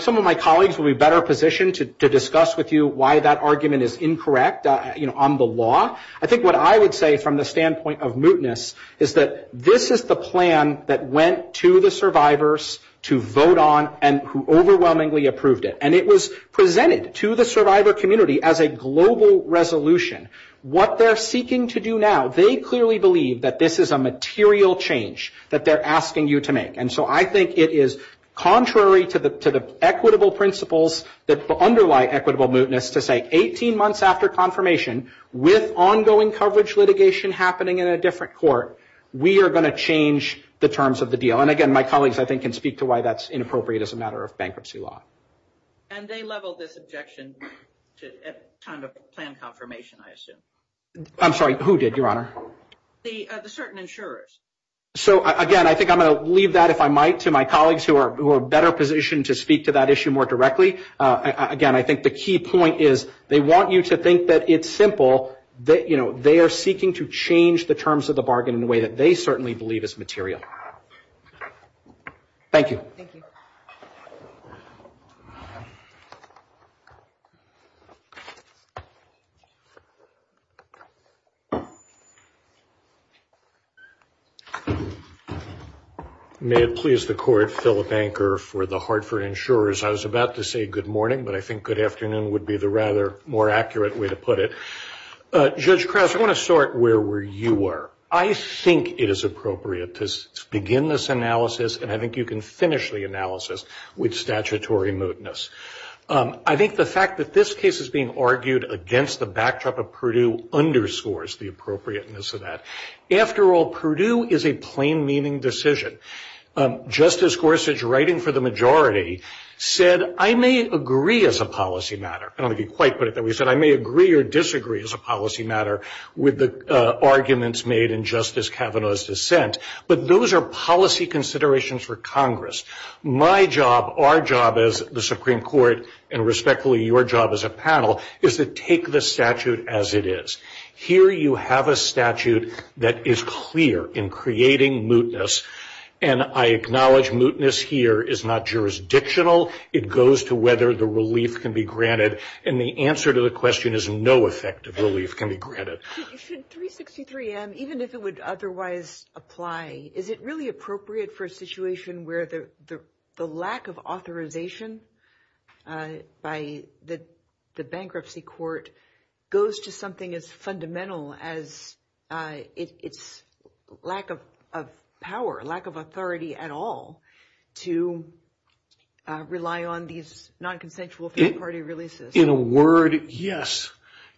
some of my colleagues would be better positioned to discuss with you why that argument is incorrect on the law. I think what I would say from the standpoint of mootness is that this is the plan that went to the survivors to vote on and overwhelmingly approved it. And it was presented to the survivor community as a global resolution. What they're seeking to do now, they clearly believe that this is a material change that they're asking you to make. And so I think it is contrary to the equitable principles that underlie equitable mootness to say, 18 months after confirmation, with ongoing coverage litigation happening in a different court, we are going to change the terms of the deal. And, again, my colleagues, I think, can speak to why that's inappropriate as a matter of bankruptcy law. And they leveled this objection at the time of the plan confirmation, I assume. I'm sorry, who did, Your Honor? The certain insurers. So, again, I think I'm going to leave that, if I might, to my colleagues who are better positioned to speak to that issue more directly. Again, I think the key point is they want you to think that it's simple. They are seeking to change the terms of the bargain in a way that they certainly believe is material. Thank you. Thank you. May it please the court, Philip Anker for the Hartford insurers. I was about to say good morning, but I think good afternoon would be the rather more accurate way to put it. Judge Krause, I want to start where you were. I think it is appropriate to begin this analysis, and I think you can finish the analysis, with statutory mootness. I think the fact that this case is being argued against the backdrop of Purdue underscores the appropriateness of that. After all, Purdue is a plain-meaning decision. Justice Gorsuch, writing for the majority, said, I may agree as a policy matter. I don't want to be quite put it that way. He said, I may agree or disagree as a policy matter with the arguments made in Justice Kavanaugh's dissent, but those are policy considerations for Congress. My job, our job as the Supreme Court, and respectfully, your job as a panel, is to take the statute as it is. Here you have a statute that is clear in creating mootness, and I acknowledge mootness here is not jurisdictional. It goes to whether the relief can be granted, and the answer to the question is no effective relief can be granted. 363M, even if it would otherwise apply, is it really appropriate for a situation where the lack of authorization by the bankruptcy court goes to something as fundamental as its lack of power, lack of authority at all, to rely on these non-consensual third-party releases? In a word, yes.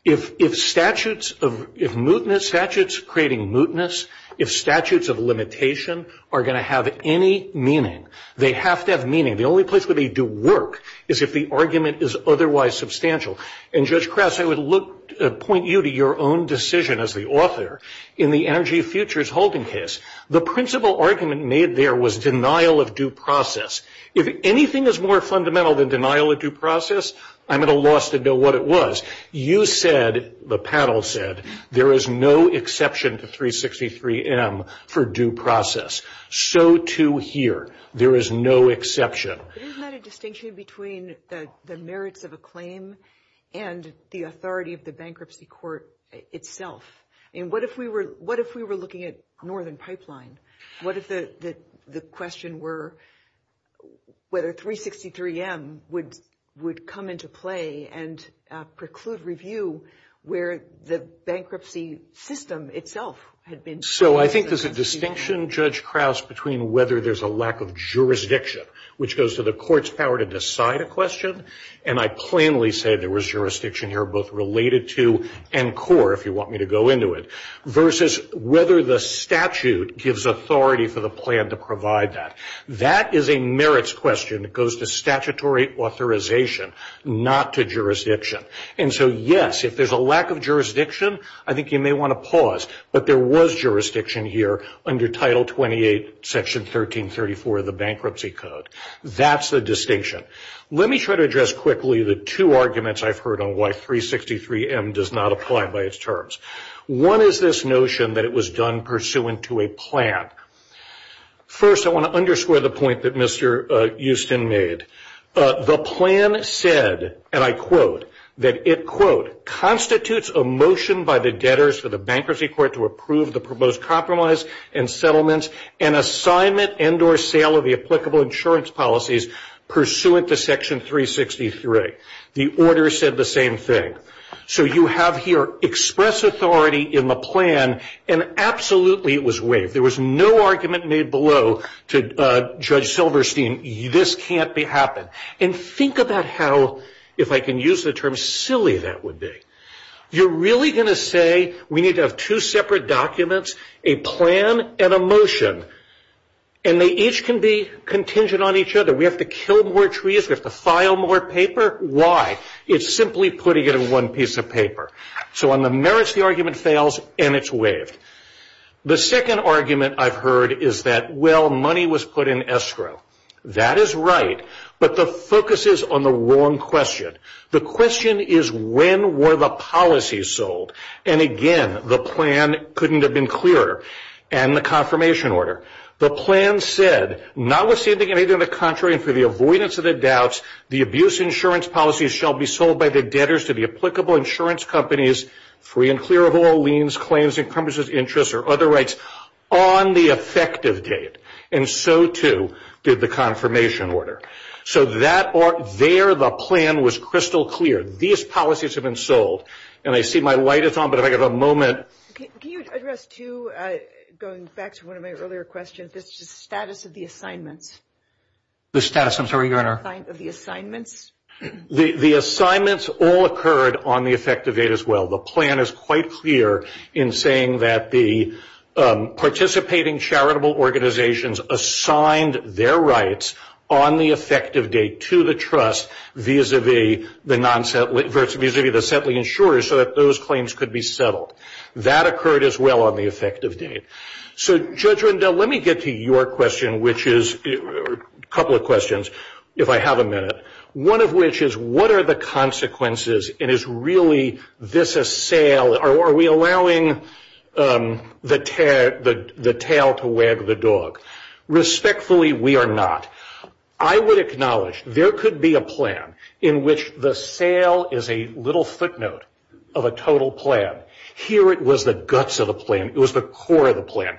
If statutes of mootness, statutes creating mootness, if statutes of limitation are going to have any meaning, they have to have meaning. The only place where they do work is if the argument is otherwise substantial, and Judge Krause, I would point you to your own decision as the author in the Energy Futures Holdings case. The principal argument made there was denial of due process. If anything is more fundamental than denial of due process, I'm at a loss to know what it was. You said, the panel said, there is no exception to 363M for due process. So too here. There is no exception. Isn't that a distinction between the merits of a claim and the authority of the bankruptcy court itself? What if we were looking at Northern Pipeline? What if the question were whether 363M would come into play and preclude review where the bankruptcy system itself had been? So I think there's a distinction, Judge Krause, between whether there's a lack of jurisdiction, which goes to the court's power to decide a question, and I plainly say there was jurisdiction here both related to and core, if you want me to go into it, versus whether the statute gives authority for the plan to provide that. That is a merits question. It goes to statutory authorization, not to jurisdiction. And so, yes, if there's a lack of jurisdiction, I think you may want to pause, but there was jurisdiction here under Title 28, Section 1334 of the Bankruptcy Code. That's the distinction. Let me try to address quickly the two arguments I've heard on why 363M does not apply by its terms. One is this notion that it was done pursuant to a plan. First, I want to underscore the point that Mr. Houston made. The plan said, and I quote, that it, quote, constitutes a motion by the debtors for the bankruptcy court to approve the proposed compromise and settlements and assignment and or sale of the applicable insurance policies pursuant to Section 363. The order said the same thing. So you have here express authority in the plan, and absolutely it was waived. There was no argument made below to Judge Silverstein, this can't be happened. And think about how, if I can use the term, silly that would be. You're really going to say we need to have two separate documents, a plan and a motion, and they each can be contingent on each other. We have to kill more trees, we have to file more paper. Why? It's simply putting it in one piece of paper. So on the merits, the argument fails, and it's waived. The second argument I've heard is that, well, money was put in escrow. That is right, but the focus is on the wrong question. The question is when were the policies sold? And, again, the plan couldn't have been clearer, and the confirmation order. The plan said, notwithstanding anything of the contrary and for the avoidance of the doubts, the abuse insurance policies shall be sold by the debtors to the applicable insurance companies, free and clear of all liens, claims, encumbrances, interests, or other rights, on the effective date. And so, too, did the confirmation order. So there the plan was crystal clear. These policies have been sold. And I see my light is on, but if I could have a moment. Can you address, too, going back to one of my earlier questions, the status of the assignments? The status of the assignments? The assignments all occurred on the effective date as well. The plan is quite clear in saying that the participating charitable organizations assigned their rights on the effective date to the trust vis-a-vis the non-asset, versus vis-a-vis the set of insurers so that those claims could be settled. That occurred as well on the effective date. So, Judge Rundell, let me get to your question, which is a couple of questions, if I have a minute. One of which is, what are the consequences? And is really this a sale? Are we allowing the tail to wag the dog? Respectfully, we are not. I would acknowledge there could be a plan in which the sale is a little footnote of a total plan. Here it was the guts of the plan. It was the core of the plan.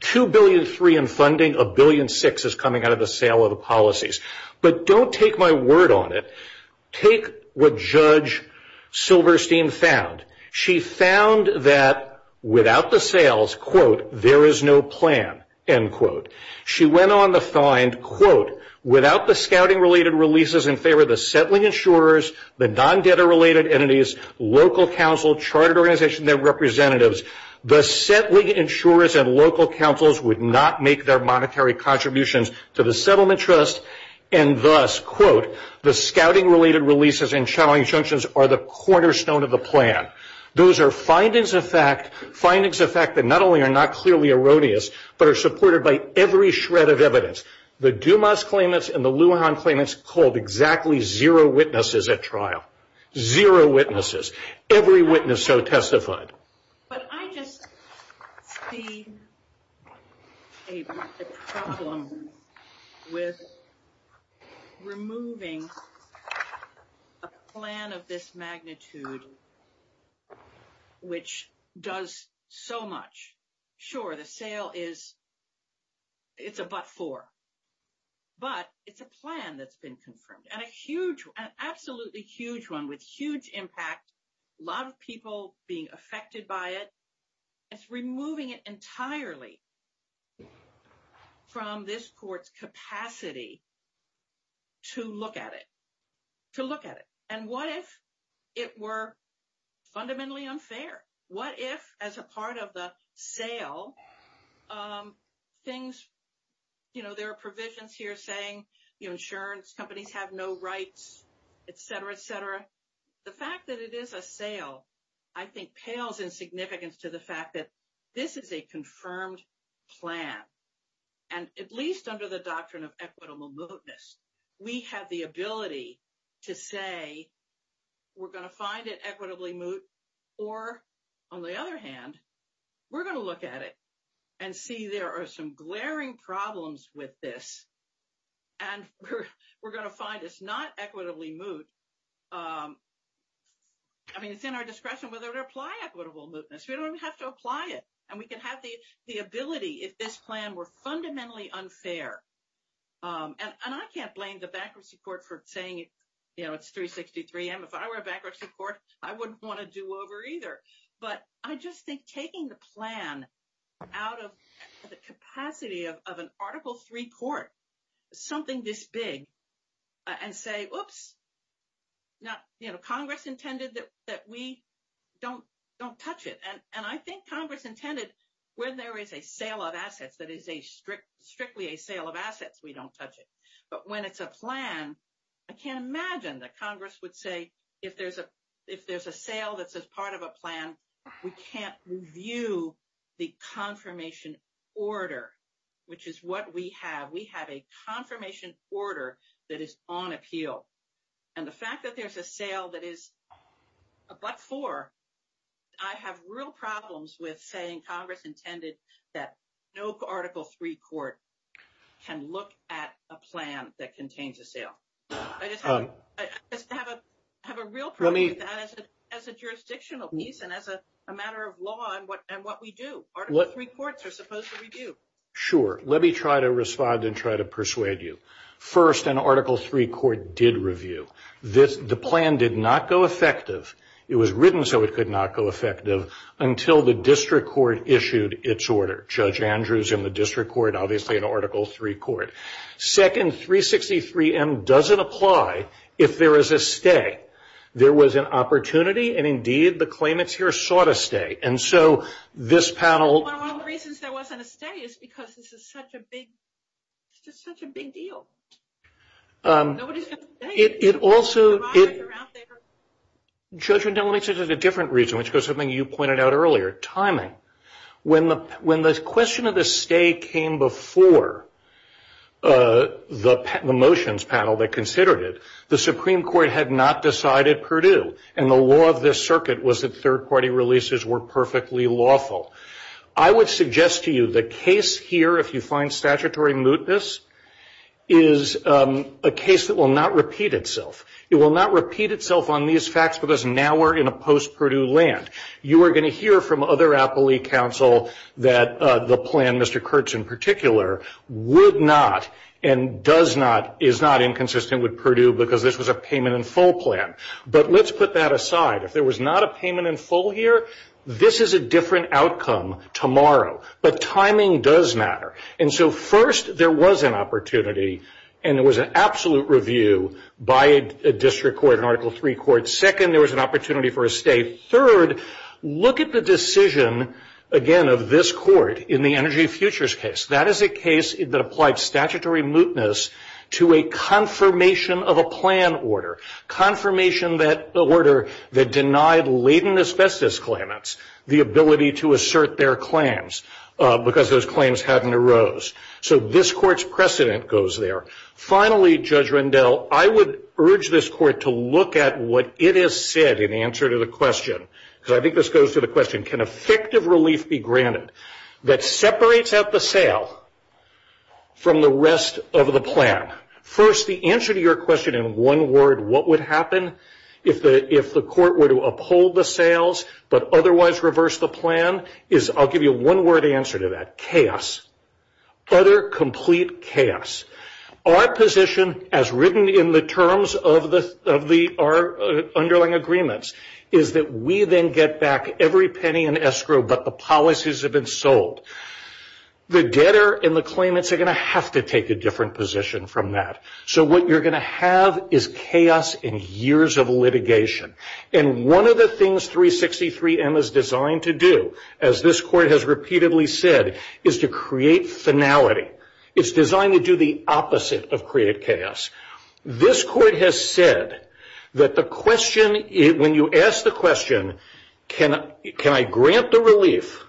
Two billion three in funding, a billion six is coming out of the sale of the policies. But don't take my word on it. Take what Judge Silverstein found. She found that without the sales, quote, there is no plan, end quote. She went on to find, quote, without the scouting-related releases in favor of the settling insurers, the non-debtor-related entities, local council, chartered organization, their representatives, the settling insurers and local councils would not make their monetary contributions to the settlement trust, and thus, quote, the scouting-related releases and challenge junctions are the cornerstone of the plan. Those are findings of fact that not only are not clearly erroneous, but are supported by every shred of evidence. The Dumas claimants and the Lujan claimants called exactly zero witnesses at trial. Zero witnesses. Every witness so testified. But I just see a problem with removing a plan of this magnitude, which does so much. Sure, the sale is a but for, but it's a plan that's been confirmed, and a huge, absolutely huge one with huge impact, a lot of people being affected by it. It's removing it entirely from this court's capacity to look at it, to look at it. And what if it were fundamentally unfair? What if, as a part of the sale, things, you know, there are provisions here saying, you know, insurance companies have no rights, et cetera, et cetera. The fact that it is a sale, I think, pales in significance to the fact that this is a confirmed plan. And at least under the doctrine of equitable mootness, we have the ability to say, we're going to find it equitably moot, or, on the other hand, we're going to look at it and see there are some glaring problems with this, and we're going to find it's not equitably moot. I mean, it's in our discretion whether to apply equitable mootness. We don't have to apply it, and we can have the ability if this plan were fundamentally unfair. And I can't blame the bankruptcy court for saying, you know, it's 363M. If I were a bankruptcy court, I wouldn't want to do over either. But I just think taking the plan out of the capacity of an Article III court, something this big, and say, oops, you know, Congress intended that we don't touch it. And I think Congress intended when there is a sale of assets that is strictly a sale of assets, we don't touch it. But when it's a plan, I can't imagine that Congress would say if there's a sale that's a part of a plan, we can't review the confirmation order, which is what we have. We have a confirmation order that is on appeal. And the fact that there's a sale that is a buck four, I have real problems with saying Congress intended that no Article III court can look at a plan that contains a sale. I just have a real problem with that as a jurisdictional piece and as a matter of law and what we do. Article III courts are supposed to review. Sure. Let me try to respond and try to persuade you. First, an Article III court did review. The plan did not go effective. It was written so it could not go effective until the district court issued its order, Judge Andrews and the district court, obviously an Article III court. Second, 363M doesn't apply if there is a stay. There was an opportunity, and, indeed, the claimants here sought a stay. And so this panel ---- One of the reasons there wasn't a stay is because this is such a big deal. It also ---- Judge, let me tell you the different reason, which is something you pointed out earlier, timing. When the question of the stay came before the motions panel that considered it, the Supreme Court had not decided Purdue. And the law of this circuit was that third-party releases were perfectly lawful. I would suggest to you the case here, if you find statutory mootness, is a case that will not repeat itself. It will not repeat itself on these facts because now we're in a post-Purdue land. You are going to hear from other appellee counsel that the plan, Mr. Kurtz in particular, would not and does not, is not inconsistent with Purdue because this was a payment in full plan. But let's put that aside. If there was not a payment in full here, this is a different outcome tomorrow. But timing does matter. And so, first, there was an opportunity, and there was an absolute review by a district court, an Article III court. Second, there was an opportunity for a stay. Third, look at the decision, again, of this court in the Energy Futures case. That is a case that applied statutory mootness to a confirmation of a plan order, confirmation order that denied latent asbestos claimants the ability to assert their claims because those claims hadn't arose. So this court's precedent goes there. Finally, Judge Rendell, I would urge this court to look at what it has said in answer to the question, because I think this goes to the question, can effective relief be granted that separates out the sale from the rest of the plan? First, the answer to your question in one word, what would happen if the court were to uphold the sales but otherwise reverse the plan is, I'll give you a one-word answer to that, chaos, utter, complete chaos. Our position, as written in the terms of our underlying agreements, is that we then get back every penny in escrow, but the policies have been sold. The debtor and the claimants are going to have to take a different position from that. So what you're going to have is chaos and years of litigation. And one of the things 363M is designed to do, as this court has repeatedly said, is to create finality. It's designed to do the opposite of create chaos. This court has said that the question, when you ask the question, can I grant the relief,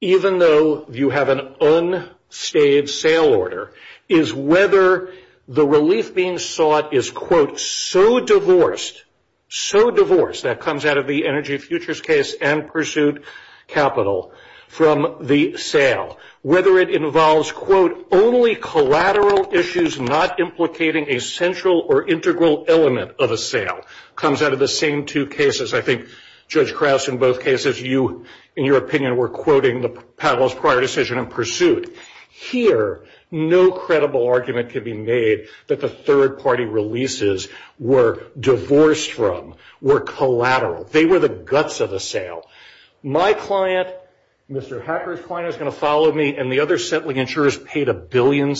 even though you have an unstaged sale order, is whether the relief being sought is, quote, so divorced, so divorced, that comes out of the Energy Futures case and Pursuit Capital, from the sale, whether it involves, quote, only collateral issues not implicating a central or integral element of a sale, comes out of the same two cases. I think, Judge Krauss, in both cases, you, in your opinion, were quoting the panel's prior decision in Pursuit. Here, no credible argument can be made that the third-party releases were divorced from, were collateral. They were the guts of the sale. My client, Mr. Hacker's client, is going to follow me, and the other settling insurers paid $1.6 billion.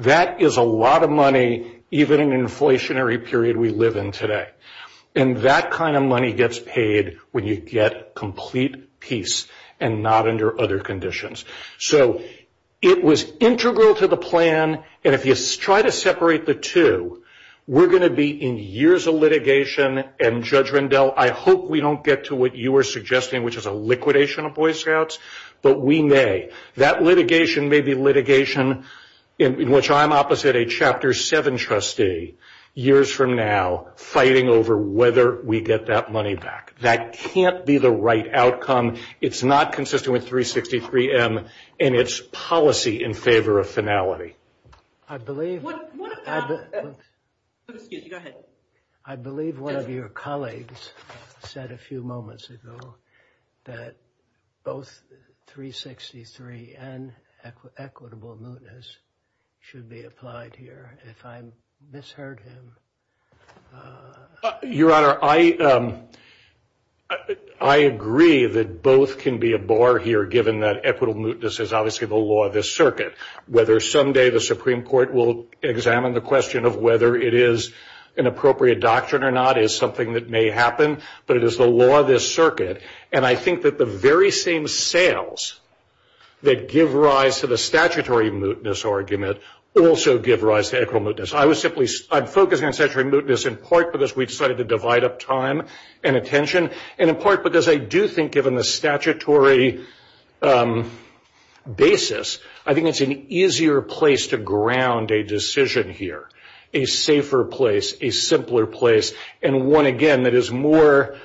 That is a lot of money, even in the inflationary period we live in today. And that kind of money gets paid when you get complete peace and not under other conditions. So it was integral to the plan, and if you try to separate the two, we're going to be in years of litigation, and, Judge Rendell, I hope we don't get to what you were suggesting, which is a liquidation of Boy Scouts, but we may. That litigation may be litigation in which I'm opposite a Chapter 7 trustee, years from now, fighting over whether we get that money back. That can't be the right outcome. It's not consistent with 363M in its policy in favor of finality. I believe one of your colleagues said a few moments ago that both 363 and equitable mootness should be applied here. If I misheard him. Your Honor, I agree that both can be a bar here, given that equitable mootness is obviously the law of this circuit. Whether someday the Supreme Court will examine the question of whether it is an appropriate doctrine or not is something that may happen, but it is the law of this circuit. And I think that the very same sales that give rise to the statutory mootness argument also give rise to equitable mootness. I'm focusing on statutory mootness in part because we decided to divide up time and attention, and in part because I do think, given the statutory basis, I think it's an easier place to ground a decision here, a safer place, a simpler place, and one, again, that is more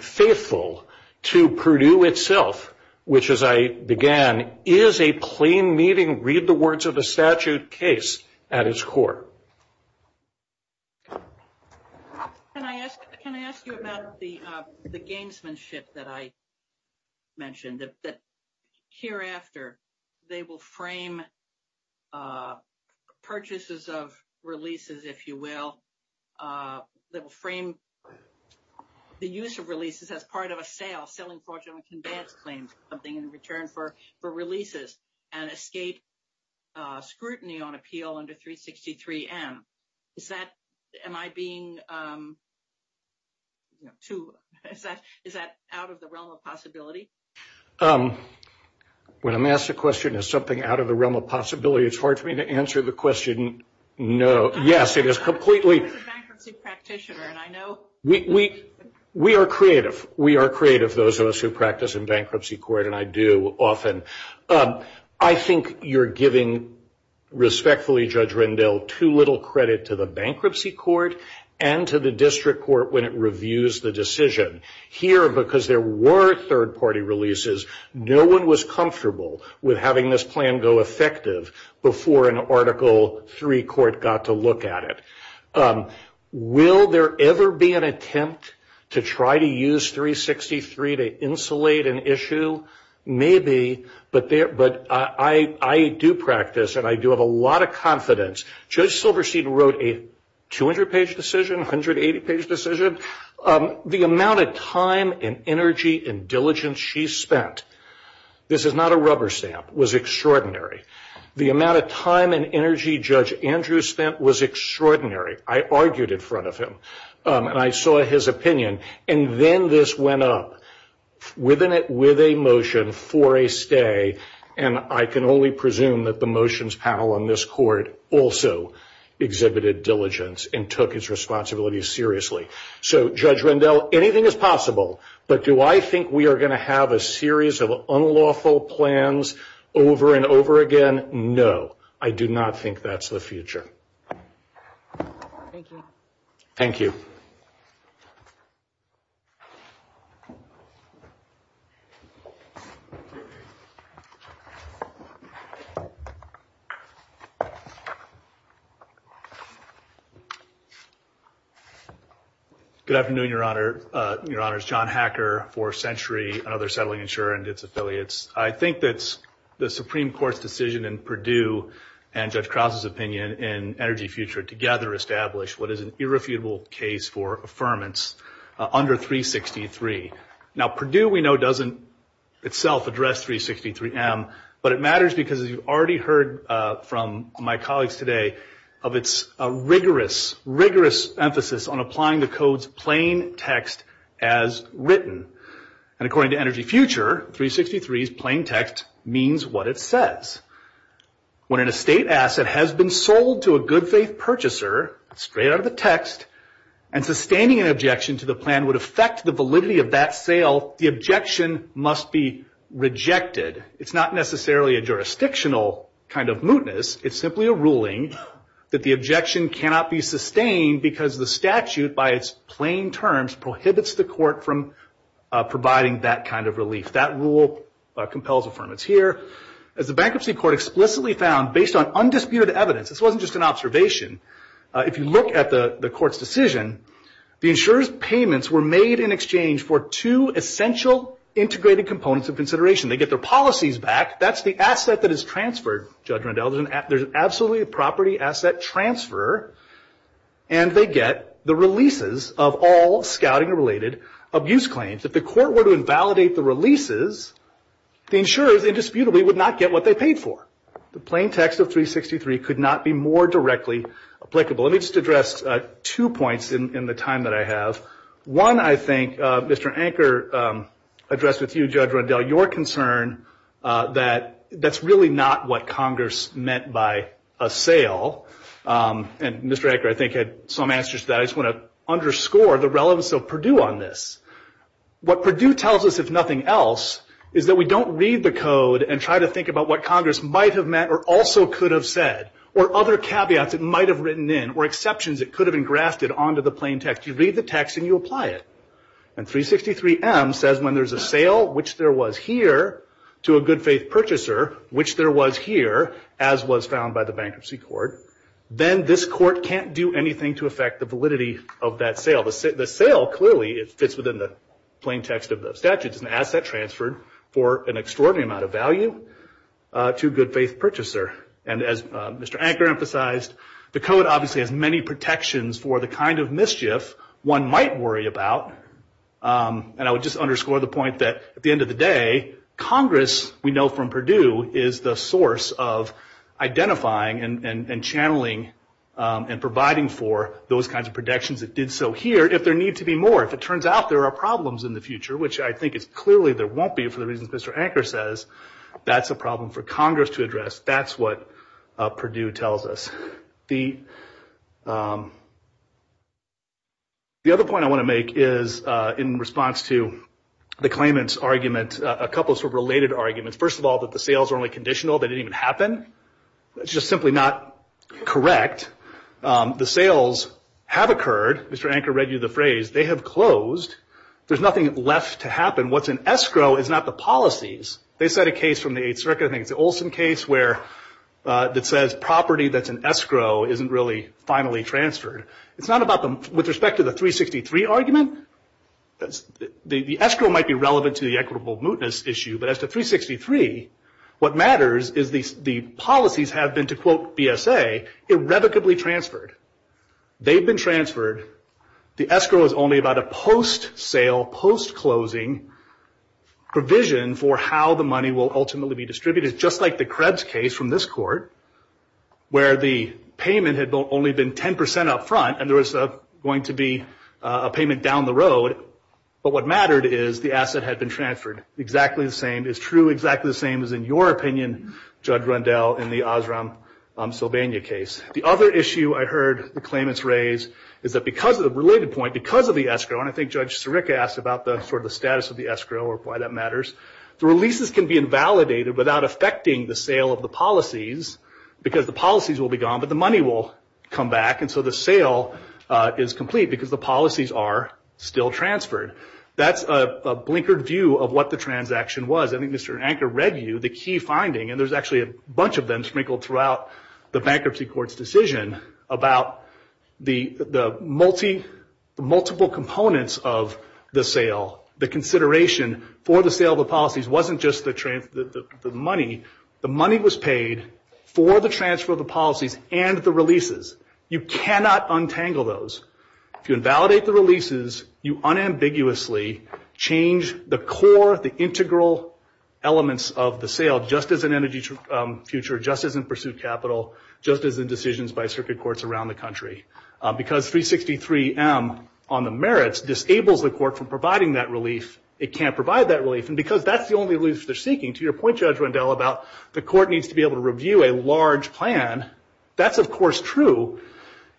faithful to Purdue itself, which, as I began, is a plain-meaning, read-the-words-of-the-statute case at its core. Can I ask you about the gamesmanship that I mentioned, that hereafter they will frame purchases of releases, if you will, that will frame the use of releases as part of a sale, while selling fortune and conveyance claims is something in return for releases, and escape scrutiny on appeal under 363M. Am I being too – is that out of the realm of possibility? When I'm asked a question, is something out of the realm of possibility, it's hard for me to answer the question, no. Yes, it is completely – I'm a bankruptcy practitioner, and I know – we are creative. We are creative, those of us who practice in bankruptcy court, and I do often. I think you're giving, respectfully, Judge Rendell, too little credit to the bankruptcy court and to the district court when it reviews the decision. Here, because there were third-party releases, no one was comfortable with having this plan go effective before an Article III court got to look at it. Will there ever be an attempt to try to use 363 to insulate an issue? Maybe, but I do practice, and I do have a lot of confidence. Judge Silverstein wrote a 200-page decision, 180-page decision. The amount of time and energy and diligence she spent – this is not a rubber stamp – was extraordinary. The amount of time and energy Judge Andrews spent was extraordinary. I argued in front of him, and I saw his opinion. And then this went up, within it, with a motion for a stay, and I can only presume that the motions panel on this court also exhibited diligence and took its responsibilities seriously. So, Judge Rendell, anything is possible, but do I think we are going to have a series of unlawful plans over and over again? No, I do not think that's the future. Thank you. Thank you. Thank you. Good afternoon, Your Honor. Your Honor, it's John Hacker, Fourth Century, another settling insurer and Gibbs affiliates. I think that the Supreme Court's decision in Perdue and Judge Krause's opinion in Energy Future together established what is an irrefutable case for affirmance under 363. Now, Perdue, we know, doesn't itself address 363M, but it matters because, as you've already heard from my colleagues today, of its rigorous, rigorous emphasis on applying the code's plain text as written. And according to Energy Future, 363's plain text means what it says. When an estate asset has been sold to a good faith purchaser, straight out of the text, and sustaining an objection to the plan would affect the validity of that sale, the objection must be rejected. It's not necessarily a jurisdictional kind of mootness. It's simply a ruling that the objection cannot be sustained because the statute, by its plain terms, prohibits the court from providing that kind of relief. That rule compels affirmance here. As the Bankruptcy Court explicitly found, based on undisputed evidence, this wasn't just an observation, if you look at the court's decision, the insurer's payments were made in exchange for two essential integrated components of consideration. They get their policies back. That's the asset that is transferred, Judge Nadell, there's absolutely a property asset transfer, and they get the releases of all scouting-related abuse claims. If the court were to invalidate the releases, the insurers indisputably would not get what they paid for. The plain text of 363 could not be more directly applicable. Let me just address two points in the time that I have. One, I think, Mr. Anker addressed with you, Judge Rundell, your concern that that's really not what Congress meant by a sale, and Mr. Anker, I think, had some answers to that. I just want to underscore the relevance of Purdue on this. What Purdue tells us, if nothing else, is that we don't read the code and try to think about what Congress might have meant or also could have said, or other caveats it might have written in, or exceptions it could have engrafted onto the plain text. You read the text and you apply it. And 363M says when there's a sale, which there was here, to a good-faith purchaser, which there was here, as was found by the bankruptcy court, then this court can't do anything to affect the validity of that sale. The sale clearly fits within the plain text of the statutes, an asset transferred for an extraordinary amount of value to a good-faith purchaser. And as Mr. Anker emphasized, the code obviously has many protections for the kind of mischief one might worry about. And I would just underscore the point that, at the end of the day, Congress, we know from Purdue, is the source of identifying and channeling and providing for those kinds of protections that did so here if there need to be more. If it turns out there are problems in the future, which I think is clearly there won't be for the reasons Mr. Anker says, that's a problem for Congress to address. That's what Purdue tells us. The other point I want to make is in response to the claimant's argument, a couple of sort of related arguments. First of all, that the sales are only conditional, they didn't even happen. That's just simply not correct. The sales have occurred. Mr. Anker read you the phrase. They have closed. There's nothing left to happen. What's an escrow is not the policies. They set a case from the 8th Circuit, I think, the Olson case where it says property that's an escrow isn't really finally transferred. It's not about the – with respect to the 363 argument, the escrow might be relevant to the equitable mootness issue, but as to 363, what matters is the policies have been, to quote ESA, irrevocably transferred. They've been transferred. The escrow is only about a post-sale, post-closing provision for how the money will ultimately be distributed, just like the Krebs case from this court, where the payment had only been 10% up front and there was going to be a payment down the road. But what mattered is the asset had been transferred, exactly the same. It's true, exactly the same as in your opinion, Judge Rundell, in the Osram-Sylvania case. The other issue I heard the claimants raise is that because of the related point, because of the escrow, and I think Judge Sirica asked about the sort of status of the escrow or why that matters, the releases can be invalidated without affecting the sale of the policies because the policies will be gone, but the money will come back. And so the sale is complete because the policies are still transferred. That's a blinkered view of what the transaction was. I think Mr. Anker read you the key finding, and there's actually a bunch of them sprinkled throughout the bankruptcy court's decision about the multiple components of the sale, the consideration for the sale of the policies wasn't just the money. The money was paid for the transfer of the policies and the releases. You cannot untangle those. If you invalidate the releases, you unambiguously change the core, the integral elements of the sale just as an energy future, just as in pursuit capital, just as in decisions by circuit courts around the country. Because 363M on the merits disables the court from providing that release, it can't provide that release. And because that's the only release they're seeking, to your point, Judge Rundell, about the court needs to be able to review a large plan, that's of course true.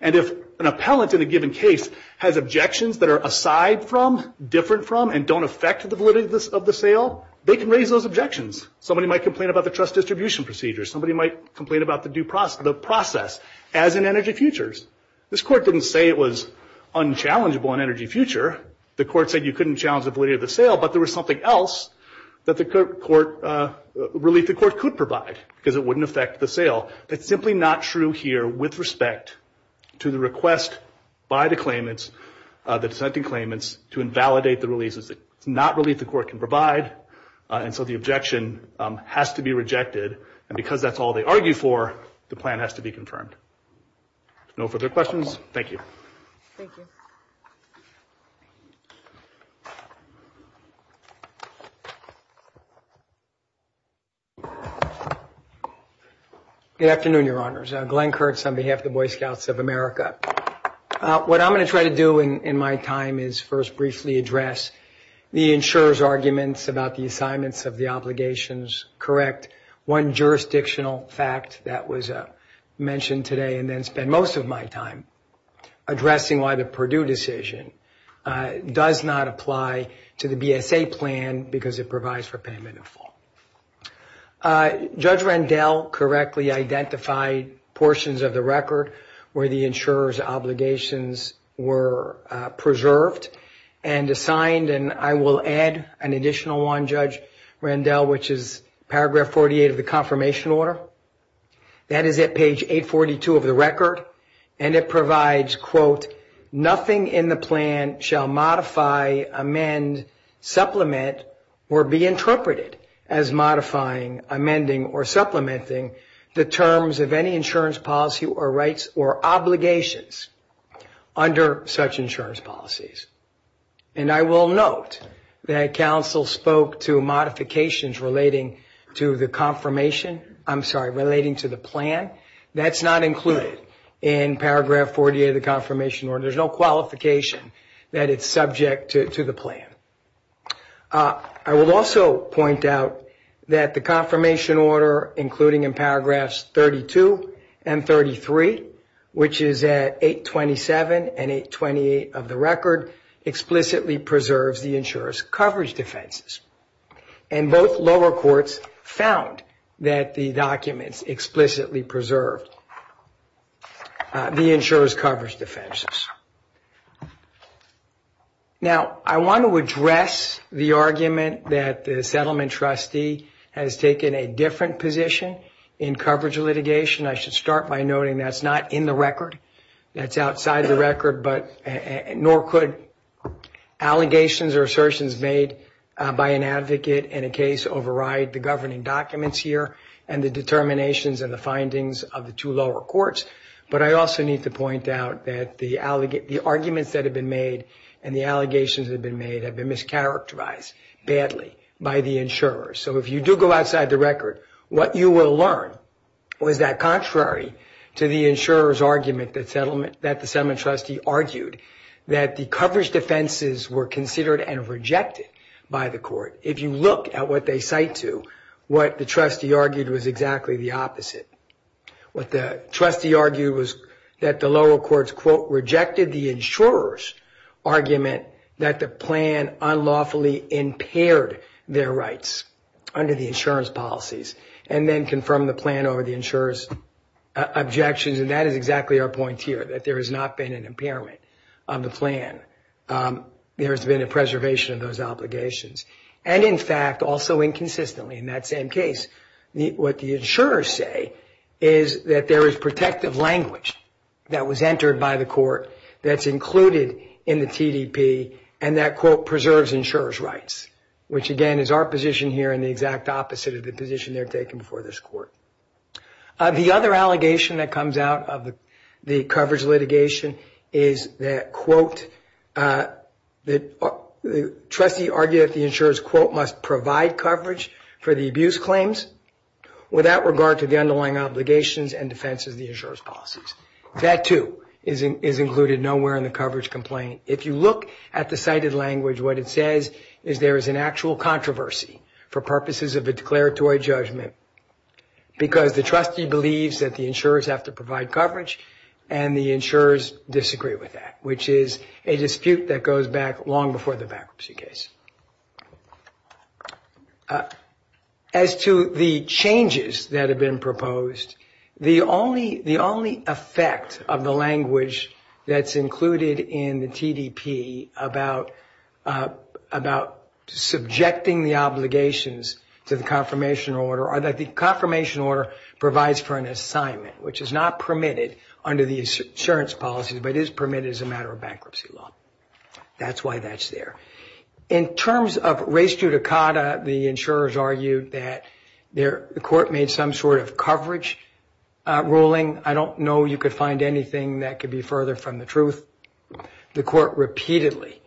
And if an appellant in a given case has objections that are aside from, different from, and don't affect the validity of the sale, they can raise those objections. Somebody might complain about the trust distribution procedures. Somebody might complain about the due process, the process as in energy futures. This court didn't say it was unchallengeable in energy future. The court said you couldn't challenge the validity of the sale, but there was something else that the court, relief the court could provide because it wouldn't affect the sale. It's simply not true here with respect to the request by the claimants, the sentencing claimants, to invalidate the releases that not relief the court can provide. And so the objection has to be rejected. And because that's all they argue for, the plan has to be confirmed. No further questions? Thank you. Thank you. Good afternoon, Your Honors. Glenn Kurtz on behalf of the Boy Scouts of America. What I'm going to try to do in my time is first briefly address the insurer's arguments about the assignments of the obligations, correct. One jurisdictional fact that was mentioned today and then spend most of my time addressing why the Purdue decision does not apply to the BSA plan because it provides for payment in full. Judge Rendell correctly identified portions of the record where the insurer's obligations were preserved and assigned. And I will add an additional one, Judge Rendell, which is paragraph 48 of the confirmation order. That is at page 842 of the record. And it provides, quote, nothing in the plan shall modify, amend, supplement, or be interpreted as modifying, amending, or supplementing the terms of any insurance policy or rights or obligations under such insurance policies. And I will note that counsel spoke to modifications relating to the confirmation, I'm sorry, relating to the plan. That's not included in paragraph 48 of the confirmation order. There's no qualification that it's subject to the plan. I will also point out that the confirmation order, including in paragraphs 32 and 33, which is at 827 and 828 of the record, explicitly preserves the insurer's coverage defenses. And both lower courts found that the documents explicitly preserve the insurer's coverage defenses. Now, I want to address the argument that the settlement trustee has taken a different position in coverage litigation. I should start by noting that's not in the record. That's outside the record, nor could allegations or assertions made by an advocate in a case override the governing documents here and the determinations and the findings of the two lower courts. But I also need to point out that the arguments that have been made and the allegations that have been made have been mischaracterized badly by the insurers. So if you do go outside the record, what you will learn is that contrary to the insurer's argument that the settlement trustee argued, that the coverage defenses were considered and rejected by the court. If you look at what they cite to, what the trustee argued was exactly the opposite. What the trustee argued was that the lower courts, quote, rejected the insurer's argument that the plan unlawfully impaired their rights under the insurance policies and then confirmed the plan over the insurer's objections. And that is exactly our point here, that there has not been an impairment on the plan. There's been a preservation of those obligations. And in fact, also inconsistently in that same case, what the insurers say is that there is protective language that was entered by the court that's included in the TDP and that, quote, is the position here and the exact opposite of the position they're taking before this court. The other allegation that comes out of the coverage litigation is that, quote, the trustee argued that the insurer's, quote, must provide coverage for the abuse claims without regard to the underlying obligations and defense of the insurer's policies. That too is included nowhere in the coverage complaint. If you look at the cited language, what it says is there is an actual controversy for purposes of the declaratory judgment because the trustee believes that the insurers have to provide coverage and the insurers disagree with that, which is a dispute that goes back long before the bankruptcy case. As to the changes that have been proposed, the only effect of the language that's included in the TDP about subjecting the obligations to the confirmation order are that the confirmation order provides for an assignment, which is not permitted under the insurance policy, but is permitted as a matter of bankruptcy law. That's why that's there. In terms of res judicata, the insurers argued that the court made some sort of coverage ruling. I don't know you could find anything that could be further from the truth. The court repeatedly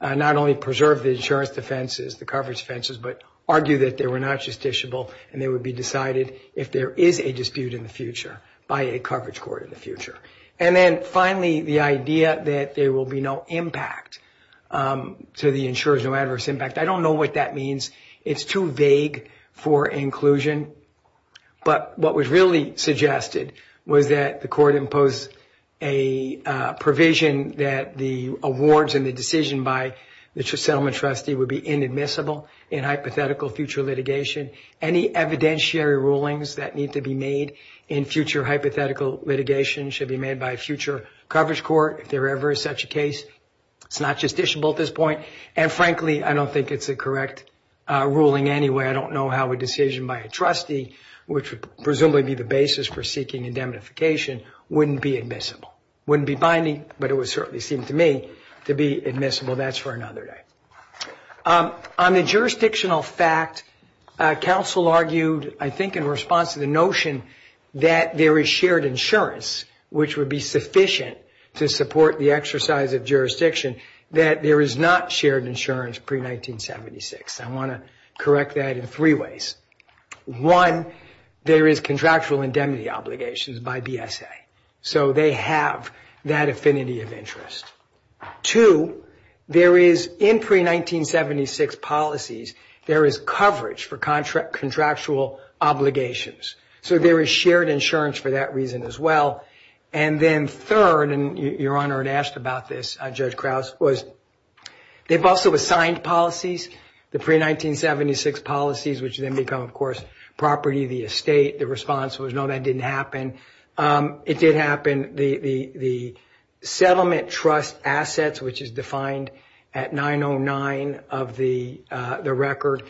not only preserved the insurance defenses, the coverage defenses, but argued that they were not justiciable and they would be decided if there is a dispute in the future by a coverage court in the future. Then finally, the idea that there will be no impact to the insurers, no adverse impact, I don't know what that means. It's too vague for inclusion. What was really suggested was that the court imposed a provision that the awards and the decision by the settlement trustee would be inadmissible in hypothetical future litigation. Any evidentiary rulings that need to be made in future hypothetical litigation should be made by a future coverage court if there ever is such a case. It's not justiciable at this point. Frankly, I don't think it's a correct ruling anyway. I don't know how a decision by a trustee, which would presumably be the basis for seeking indemnification, wouldn't be admissible. Wouldn't be binding, but it would certainly seem to me to be admissible. That's for another day. On the jurisdictional fact, counsel argued, I think in response to the notion that there is shared insurance, which would be sufficient to support the exercise of jurisdiction, that there is not shared insurance pre-1976. I want to correct that in three ways. One, there is contractual indemnity obligations by BSA, so they have that affinity of interest. Two, there is, in pre-1976 policies, there is coverage for contractual obligations, so there is shared insurance for that reason as well. And then third, and Your Honor had asked about this, Judge Krause, they've also assigned policies, the pre-1976 policies, which then become, of course, property, the estate. The response was, no, that didn't happen. It did happen. The settlement trust assets, which is defined at 909 of the record,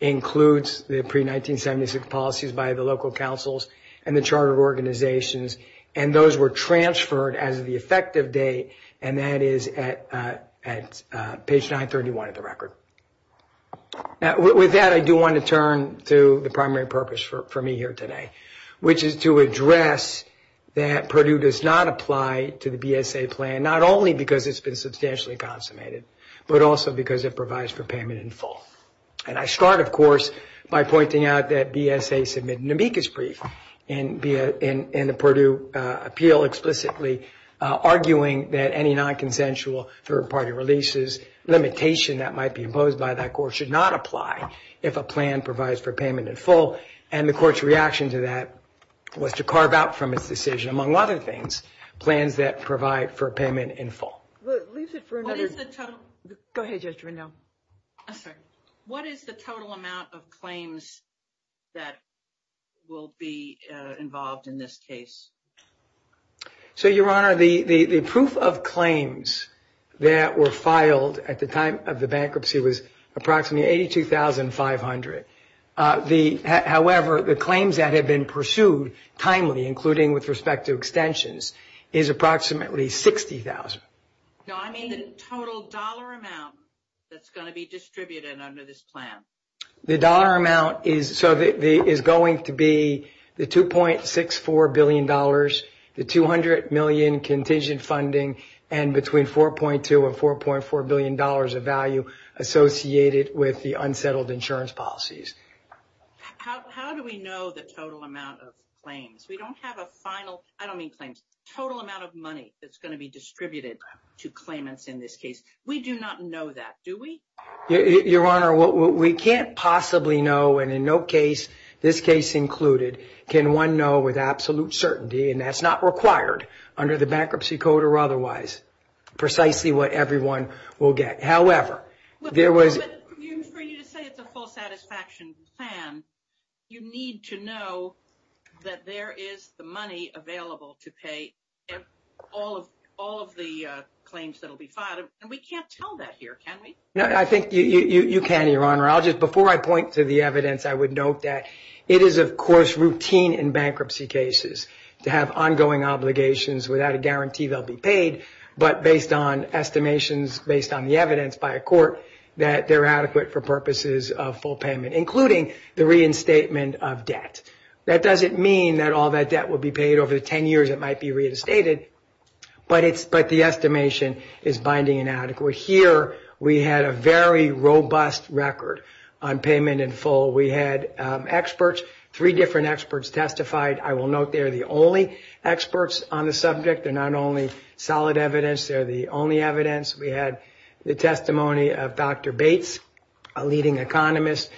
includes the pre-1976 policies by the local councils and the charter organizations, and those were transferred as of the effective date, and that is at page 931 of the record. With that, I do want to turn to the primary purpose for me here today, which is to address that Purdue does not apply to the BSA plan, not only because it's been substantially consummated, but also because it provides for payment in full. And I start, of course, by pointing out that BSA submitted an amicus brief in the Purdue appeal explicitly, arguing that any non-consensual third-party releases, limitation that might be imposed by that court should not apply if a plan provides for payment in full, and the court's reaction to that was to carve out from its decision, among other things, plans that provide for payment in full. Lisa, for another... What is the total... Go ahead, Judge Truendo. What is the total amount of claims that will be involved in this case? So, Your Honor, the proof of claims that were filed at the time of the bankruptcy was approximately $82,500. However, the claims that have been pursued timely, including with respect to extensions, is approximately $60,000. So, I mean the total dollar amount that's going to be distributed under this plan. The dollar amount is going to be the $2.64 billion, the $200 million contingent funding, and between $4.2 and $4.4 billion of value associated with the unsettled insurance policies. How do we know the total amount of claims? We don't have a final... I don't mean claims. Total amount of money that's going to be distributed to claimants in this case. We do not know that, do we? Your Honor, we can't possibly know, and in no case, this case included, can one know with absolute certainty, and that's not required under the bankruptcy code or otherwise, precisely what everyone will get. However, there was... For you to say it's a full satisfaction plan, you need to know that there is the money available to pay all of the claims that will be filed, and we can't tell that here, can we? No, I think you can, Your Honor. I'll just... Before I point to the evidence, I would note that it is, of course, routine in bankruptcy cases to have ongoing obligations without a guarantee they'll be paid, but based on estimations, based on the evidence by a court, that they're adequate for purposes of full payment, including the reinstatement of debt. That doesn't mean that all that debt will be paid over the 10 years it might be reinstated, but the estimation is binding and adequate. Here, we had a very robust record on payment in full. We had experts, three different experts testified. I will note they're the only experts on the subject. They're not only solid evidence. They're the only evidence. We had the testimony of Dr. Bates, a leading economist,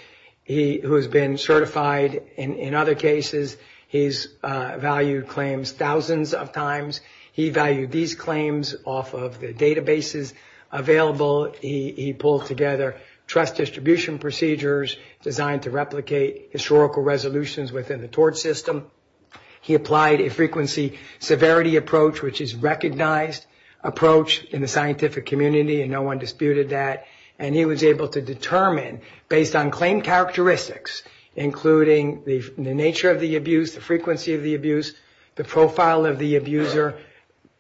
who has been certified in other cases. He's valued claims thousands of times. He valued these claims off of the databases available. He pulled together trust distribution procedures designed to replicate historical resolutions within the tort system. He applied a frequency severity approach, which is a recognized approach in the scientific community, and no one disputed that. He was able to determine, based on claim characteristics, including the nature of the abuse, the frequency of the abuse, the profile of the abuser,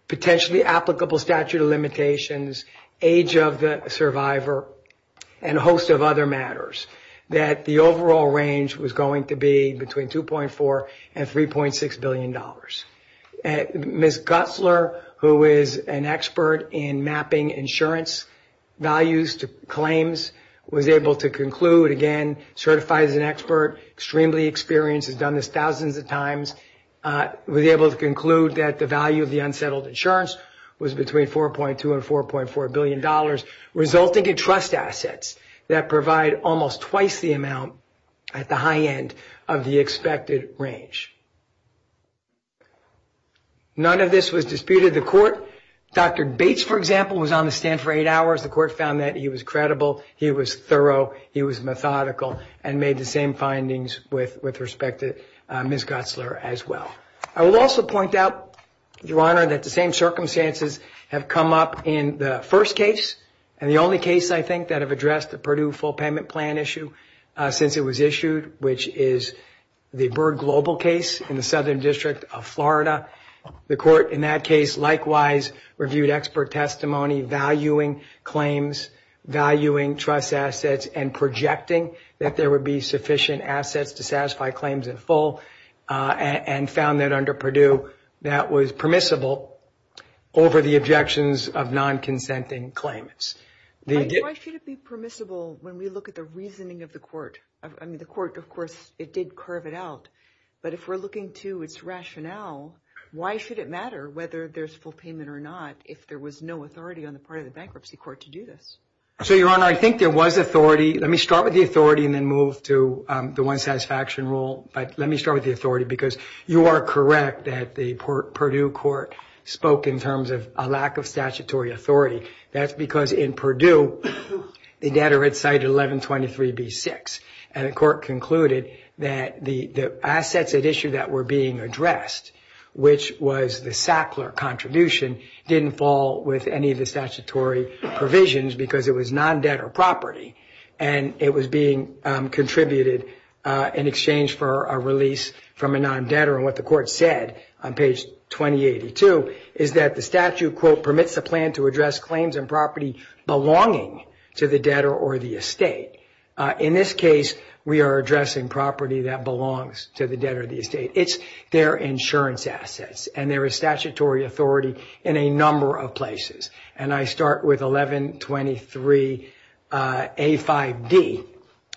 potentially applicable statute of limitations, age of the survivor, and a host of other matters, that the overall range was going to be between $2.4 and $3.6 billion. Ms. Gutzler, who is an expert in mapping insurance values to claims, was able to conclude, again, certified as an expert, extremely experienced, has done this thousands of times, was able to conclude that the value of the unsettled insurance was between $4.2 and $4.4 billion, resulting in trust assets that provide almost twice the amount at the high end of the expected range. None of this was disputed. The court, Dr. Bates, for example, was on the stand for eight hours. The court found that he was credible, he was thorough, he was methodical, and made the same findings with respect to Ms. Gutzler as well. I will also point out, Your Honor, that the same circumstances have come up in the first case and the only case, I think, that have addressed the Purdue full payment plan issue since it was issued, which is the Byrd Global case in the Southern District of Florida. The court in that case likewise reviewed expert testimony, valuing claims, valuing trust assets, and projecting that there would be sufficient assets to satisfy claims in full, and found that under Purdue that was permissible over the objections of non-consenting claimants. Why should it be permissible when we look at the reasoning of the court? I mean, the court, of course, it did curve it out. But if we're looking to its rationale, why should it matter whether there's full payment or not if there was no authority on the part of the bankruptcy court to do this? So, Your Honor, I think there was authority. Let me start with the authority and then move to the one satisfaction rule. But let me start with the authority because you are correct that the Purdue court spoke in terms of a lack of statutory authority. That's because in Purdue, the debtor had cited 1123B6. And the court concluded that the assets at issue that were being addressed, which was the Sackler contribution, didn't fall with any of the statutory provisions because it was non-debtor property. And it was being contributed in exchange for a release from a non-debtor. And what the court said on page 2082 is that the statute, quote, permits the plan to address claims and property belonging to the debtor or the estate. In this case, we are addressing property that belongs to the debtor or the estate. It's their insurance assets. And there is statutory authority in a number of places. And I start with 1123A5D,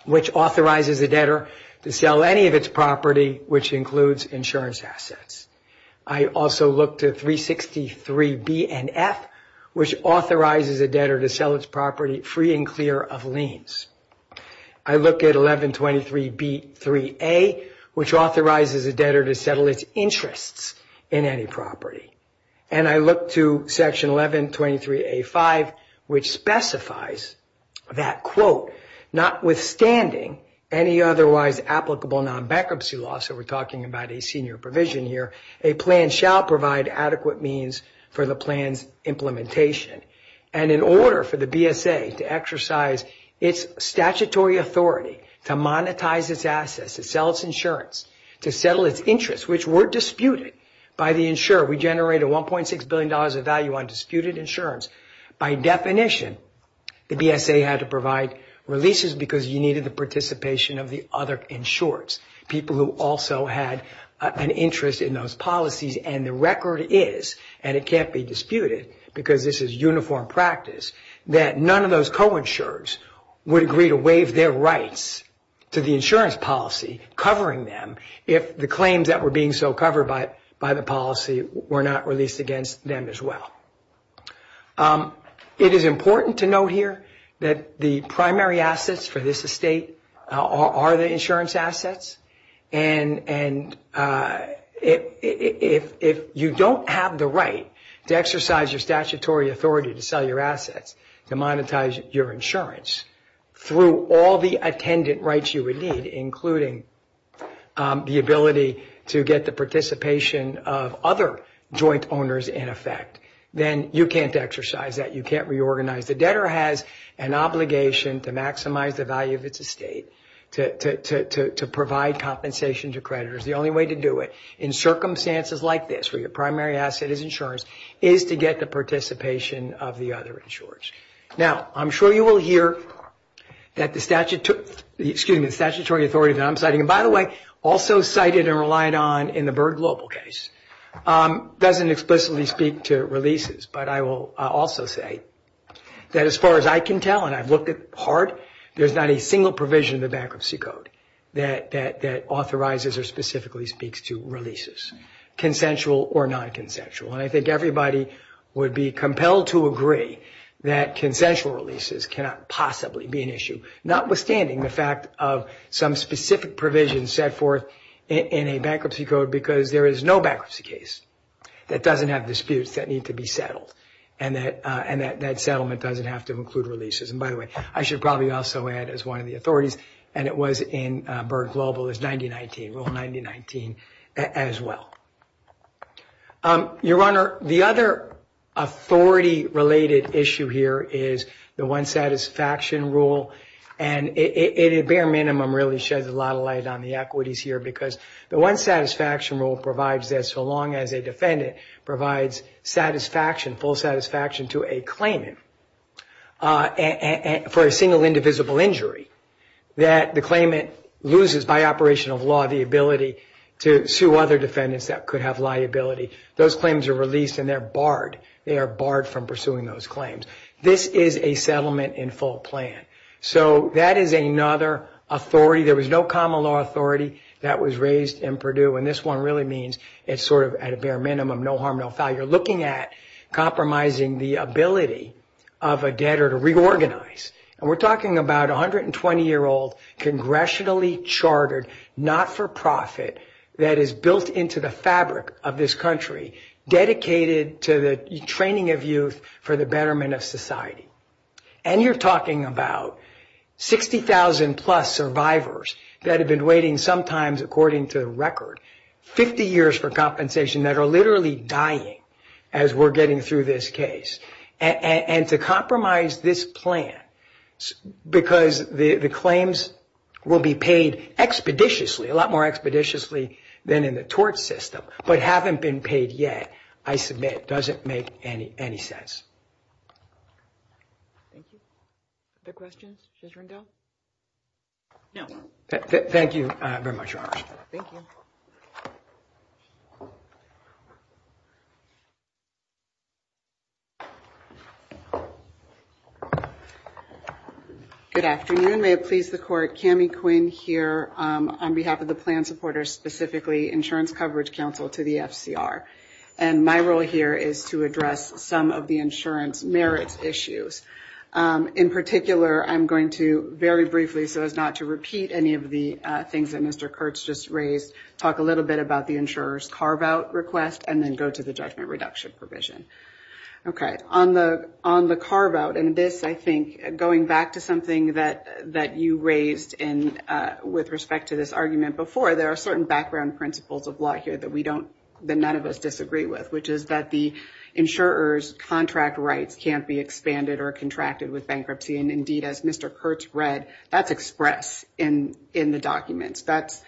which authorizes the debtor to sell any of its property, which includes insurance assets. I also look to 363B and F, which authorizes the debtor to sell its property free and clear of liens. I look at 1123B3A, which authorizes the debtor to settle its interests in any property. And I look to section 1123A5, which specifies that, quote, notwithstanding any otherwise applicable non-bankruptcy law, so we're talking about a senior provision here, a plan shall provide adequate means for the plan's implementation. And in order for the BSA to exercise its statutory authority to monetize its assets, to sell its insurance, to settle its interests, which were disputed by the insurer. We generated $1.6 billion of value on disputed insurance. By definition, the BSA had to provide releases because you needed the participation of the other insurers, people who also had an interest in those policies. And the record is, and it can't be disputed, because this is uniform practice, that none of those co-insurers would agree to waive their rights to the insurance policy covering them if the claims that were being so covered by the policy were not released against them as well. It is important to note here that the primary assets for this estate are the insurance assets, and if you don't have the right to exercise your statutory authority to sell your assets, to monetize your insurance, through all the attendant rights you would need, including the ability to get the participation of other joint owners in effect, then you can't exercise that, you can't reorganize. If the debtor has an obligation to maximize the value of its estate, to provide compensation to creditors, the only way to do it in circumstances like this where your primary asset is insurance is to get the participation of the other insurers. Now, I'm sure you will hear that the statutory authority that I'm citing, and by the way, also cited and relied on in the Byrd Global case, doesn't explicitly speak to releases, but I will also say that as far as I can tell, and I've looked at it hard, there's not a single provision in the bankruptcy code that authorizes or specifically speaks to releases, consensual or non-consensual, and I think everybody would be compelled to agree that consensual releases cannot possibly be an issue, notwithstanding the fact of some specific provision set forth in a bankruptcy code because there is no bankruptcy case that doesn't have disputes that need to be settled and that settlement doesn't have to include releases. And by the way, I should probably also add, as one of the authorities, and it was in Byrd Global, is Rule 9019 as well. Your Honor, the other authority-related issue here is the One Satisfaction Rule, and it at bare minimum really sheds a lot of light on the equities here because the One Satisfaction Rule provides that so long as a defendant provides satisfaction, full satisfaction to a claimant for a single indivisible injury that the claimant loses by operation of law the ability to sue other defendants that could have liability. Those claims are released and they're barred. They are barred from pursuing those claims. This is a settlement in full plan. So that is another authority. There was no common law authority that was raised in Purdue, and this one really means it's sort of at a bare minimum, no harm, no foul. You're looking at compromising the ability of a debtor to reorganize. And we're talking about a 120-year-old, congressionally chartered, not-for-profit that is built into the fabric of this country dedicated to the training of youth for the betterment of society. And you're talking about 60,000-plus survivors that have been waiting sometimes, according to the record, 50 years for compensation that are literally dying as we're getting through this case. And to compromise this plan because the claims will be paid expeditiously, a lot more expeditiously than in the tort system, but haven't been paid yet, I submit, doesn't make any sense. Thank you. Other questions? Ms. Rendell? No. Thank you very much, Robert. Thank you. Good afternoon. May it please the Court, Kami Quinn here on behalf of the plan supporters, specifically Insurance Coverage Council to the FCR. And my role here is to address some of the insurance merits issues. In particular, I'm going to very briefly, so as not to repeat any of the things that Mr. Kurtz just raised, talk a little bit about the insurer's carve-out request and then go to the judgment reduction provision. Okay. On the carve-out, and this, I think, going back to something that you raised with respect to this argument before, there are certain background principles of law here that none of us disagree with, which is that the insurer's contract rights can't be expanded or contracted with bankruptcy. And indeed, as Mr. Kurtz read, that's expressed in the documents. That's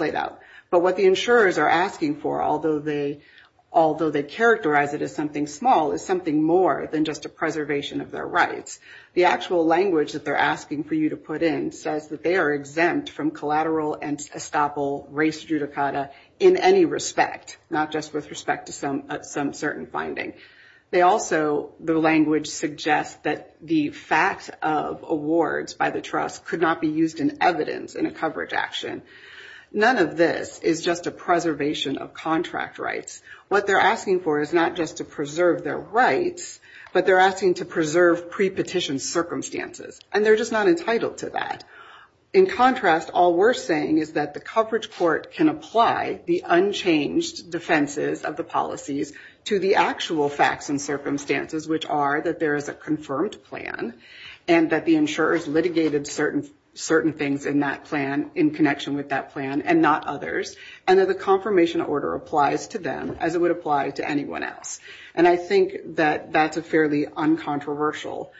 laid out. But what the insurers are asking for, although they characterize it as something small, is something more than just a preservation of their rights. The actual language that they're asking for you to put in says that they are exempt from collateral and estoppel race judicata in any respect, not just with respect to some certain findings. They also, the language suggests, that the facts of awards by the trust could not be used in evidence in a coverage action. None of this is just a preservation of contract rights. What they're asking for is not just to preserve their rights, but they're asking to preserve pre-petition circumstances, and they're just not entitled to that. In contrast, all we're saying is that the coverage court can apply the unchanged defenses of the policies to the actual facts and circumstances, which are that there is a confirmed plan and that the insurers litigated certain things in that plan in connection with that plan and not others, and that the confirmation order applies to them as it would apply to anyone else. And I think that that's a fairly uncontroversial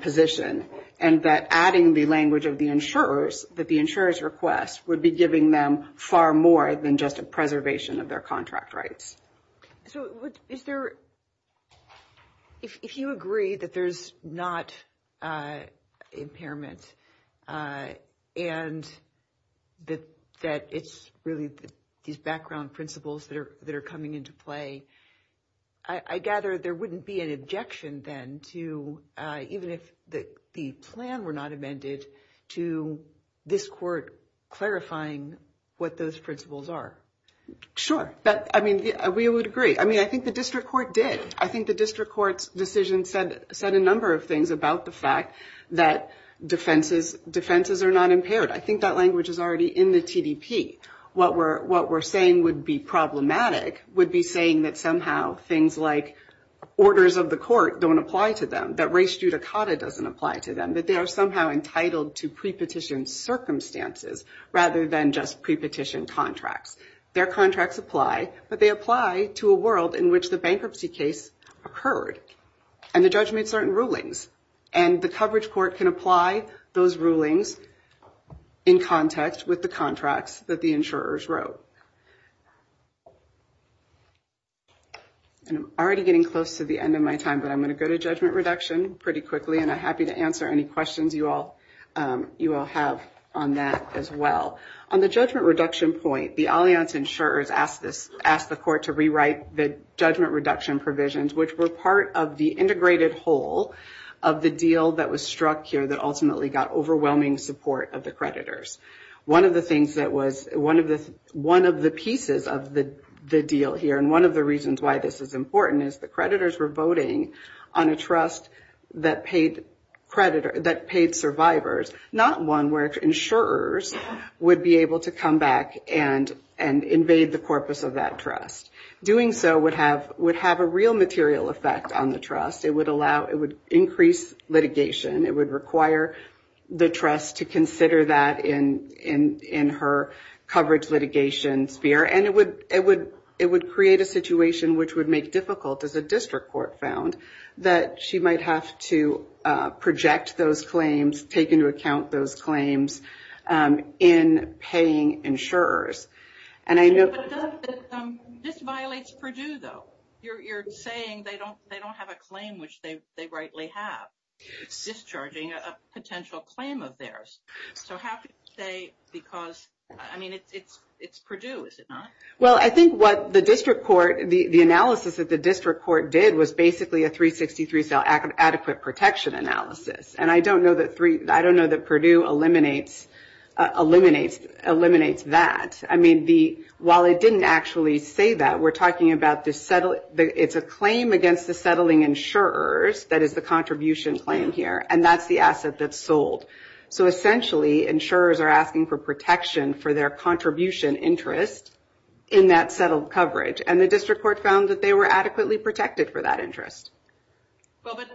position, and that adding the language of the insurers, that the insurer's request would be giving them far more than just a preservation of their contract rights. So is there... If you agree that there's not impairment and that it's really these background principles that are coming into play, I gather there wouldn't be an objection then to... even if the plan were not amended, to this court clarifying what those principles are. Sure. I mean, we would agree. I mean, I think the district court did. I think the district court's decision said a number of things about the fact that defenses are not impaired. I think that language is already in the TDP. What we're saying would be problematic would be saying that somehow things like orders of the court don't apply to them, that res judicata doesn't apply to them, that they are somehow entitled to pre-petition circumstances rather than just pre-petition contracts. Their contracts apply, but they apply to a world in which the bankruptcy case occurred and the judgments are in rulings. And the coverage court can apply those rulings in context with the contracts that the insurers wrote. I'm already getting close to the end of my time, but I'm going to go to judgment reduction pretty quickly, and I'm happy to answer any questions you all have on that as well. On the judgment reduction point, the alliance insurers asked the court to rewrite the judgment reduction provisions, which were part of the integrated whole of the deal that was struck here that ultimately got overwhelming support of the creditors. One of the pieces of the deal here, and one of the reasons why this is important, is the creditors were voting on a trust that paid survivors, not one where insurers would be able to come back and invade the corpus of that trust. Doing so would have a real material effect on the trust. It would increase litigation. It would require the trust to consider that in her coverage litigation sphere, and it would create a situation which would make it difficult, as the district court found, that she might have to project those claims, take into account those claims in paying insurers. This violates Purdue, though. You're saying they don't have a claim, which they rightly have. It's discharging a potential claim of theirs. I have to say, because it's Purdue, is it not? I think what the analysis that the district court did was basically a 363 Adequate Protection Analysis. I don't know that Purdue eliminates that. While it didn't actually say that, we're talking about it's a claim against the settling insurers, that is the contribution claim here, and that's the asset that's sold. Essentially, insurers are asking for protection for their contribution interest in that settled coverage, and the district court found that they were adequately protected for that interest.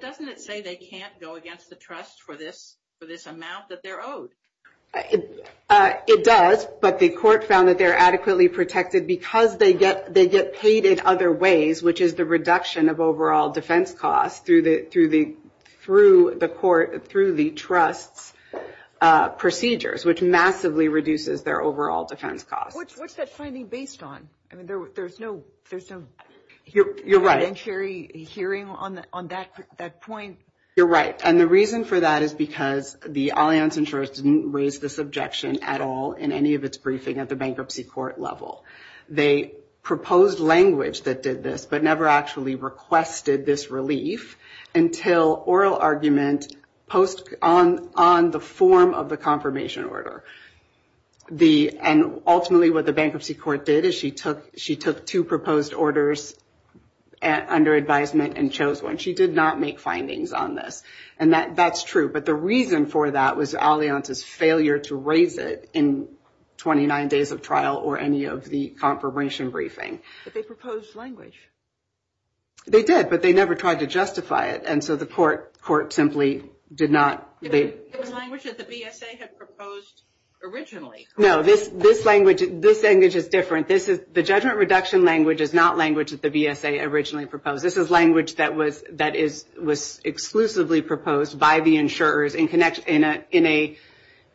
Doesn't it say they can't go against the trust for this amount that they're owed? It does, but the court found that they're adequately protected because they get paid in other ways, which is the reduction of overall defense costs through the trust procedures, which massively reduces their overall defense costs. What's that finding based on? There's no hearing on that point? You're right, and the reason for that is because the Allianz insurers didn't raise this objection at all in any of its briefing at the bankruptcy court level. They proposed language that did this, but never actually requested this relief until oral argument on the form of the confirmation order. Ultimately, what the bankruptcy court did is she took two proposed orders under advisement and chose one. She did not make findings on this, and that's true, but the reason for that was Allianz's failure to raise it in 29 days of trial or any of the confirmation briefing. But they proposed language. They did, but they never tried to justify it, and so the court simply did not. The language that the VSA had proposed originally. No, this language is different. The judgment reduction language is not language that the VSA originally proposed. This is language that was exclusively proposed by the insurers in an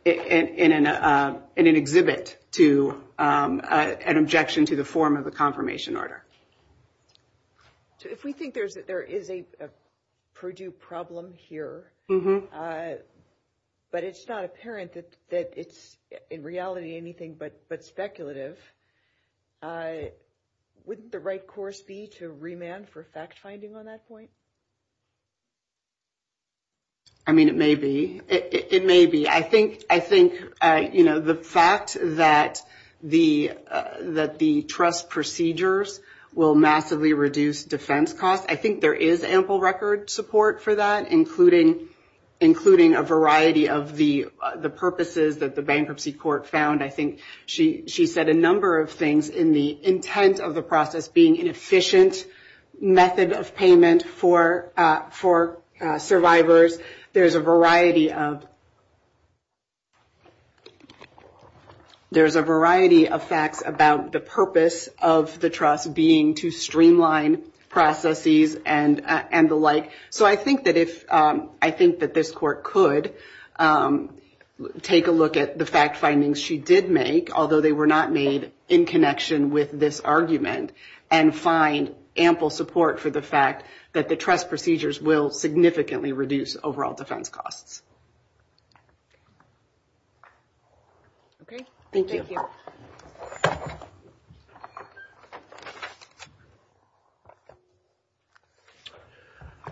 exhibit to an objection to the form of a confirmation order. So if we think there is a Purdue problem here, but it's not apparent that it's in reality anything but speculative, wouldn't the right course be to remand for fact-finding on that point? I mean, it may be. It may be. I think the fact that the trust procedures will massively reduce defense costs, I think there is ample record support for that, including a variety of the purposes that the bankruptcy court found. I think she said a number of things in the intent of the process being an efficient method of payment for survivors. There's a variety of facts about the purpose of the trust being to streamline processes and the like. So I think that this court could take a look at the fact findings she did make, although they were not made in connection with this argument, and find ample support for the fact that the trust procedures will significantly reduce overall defense costs. Thank you.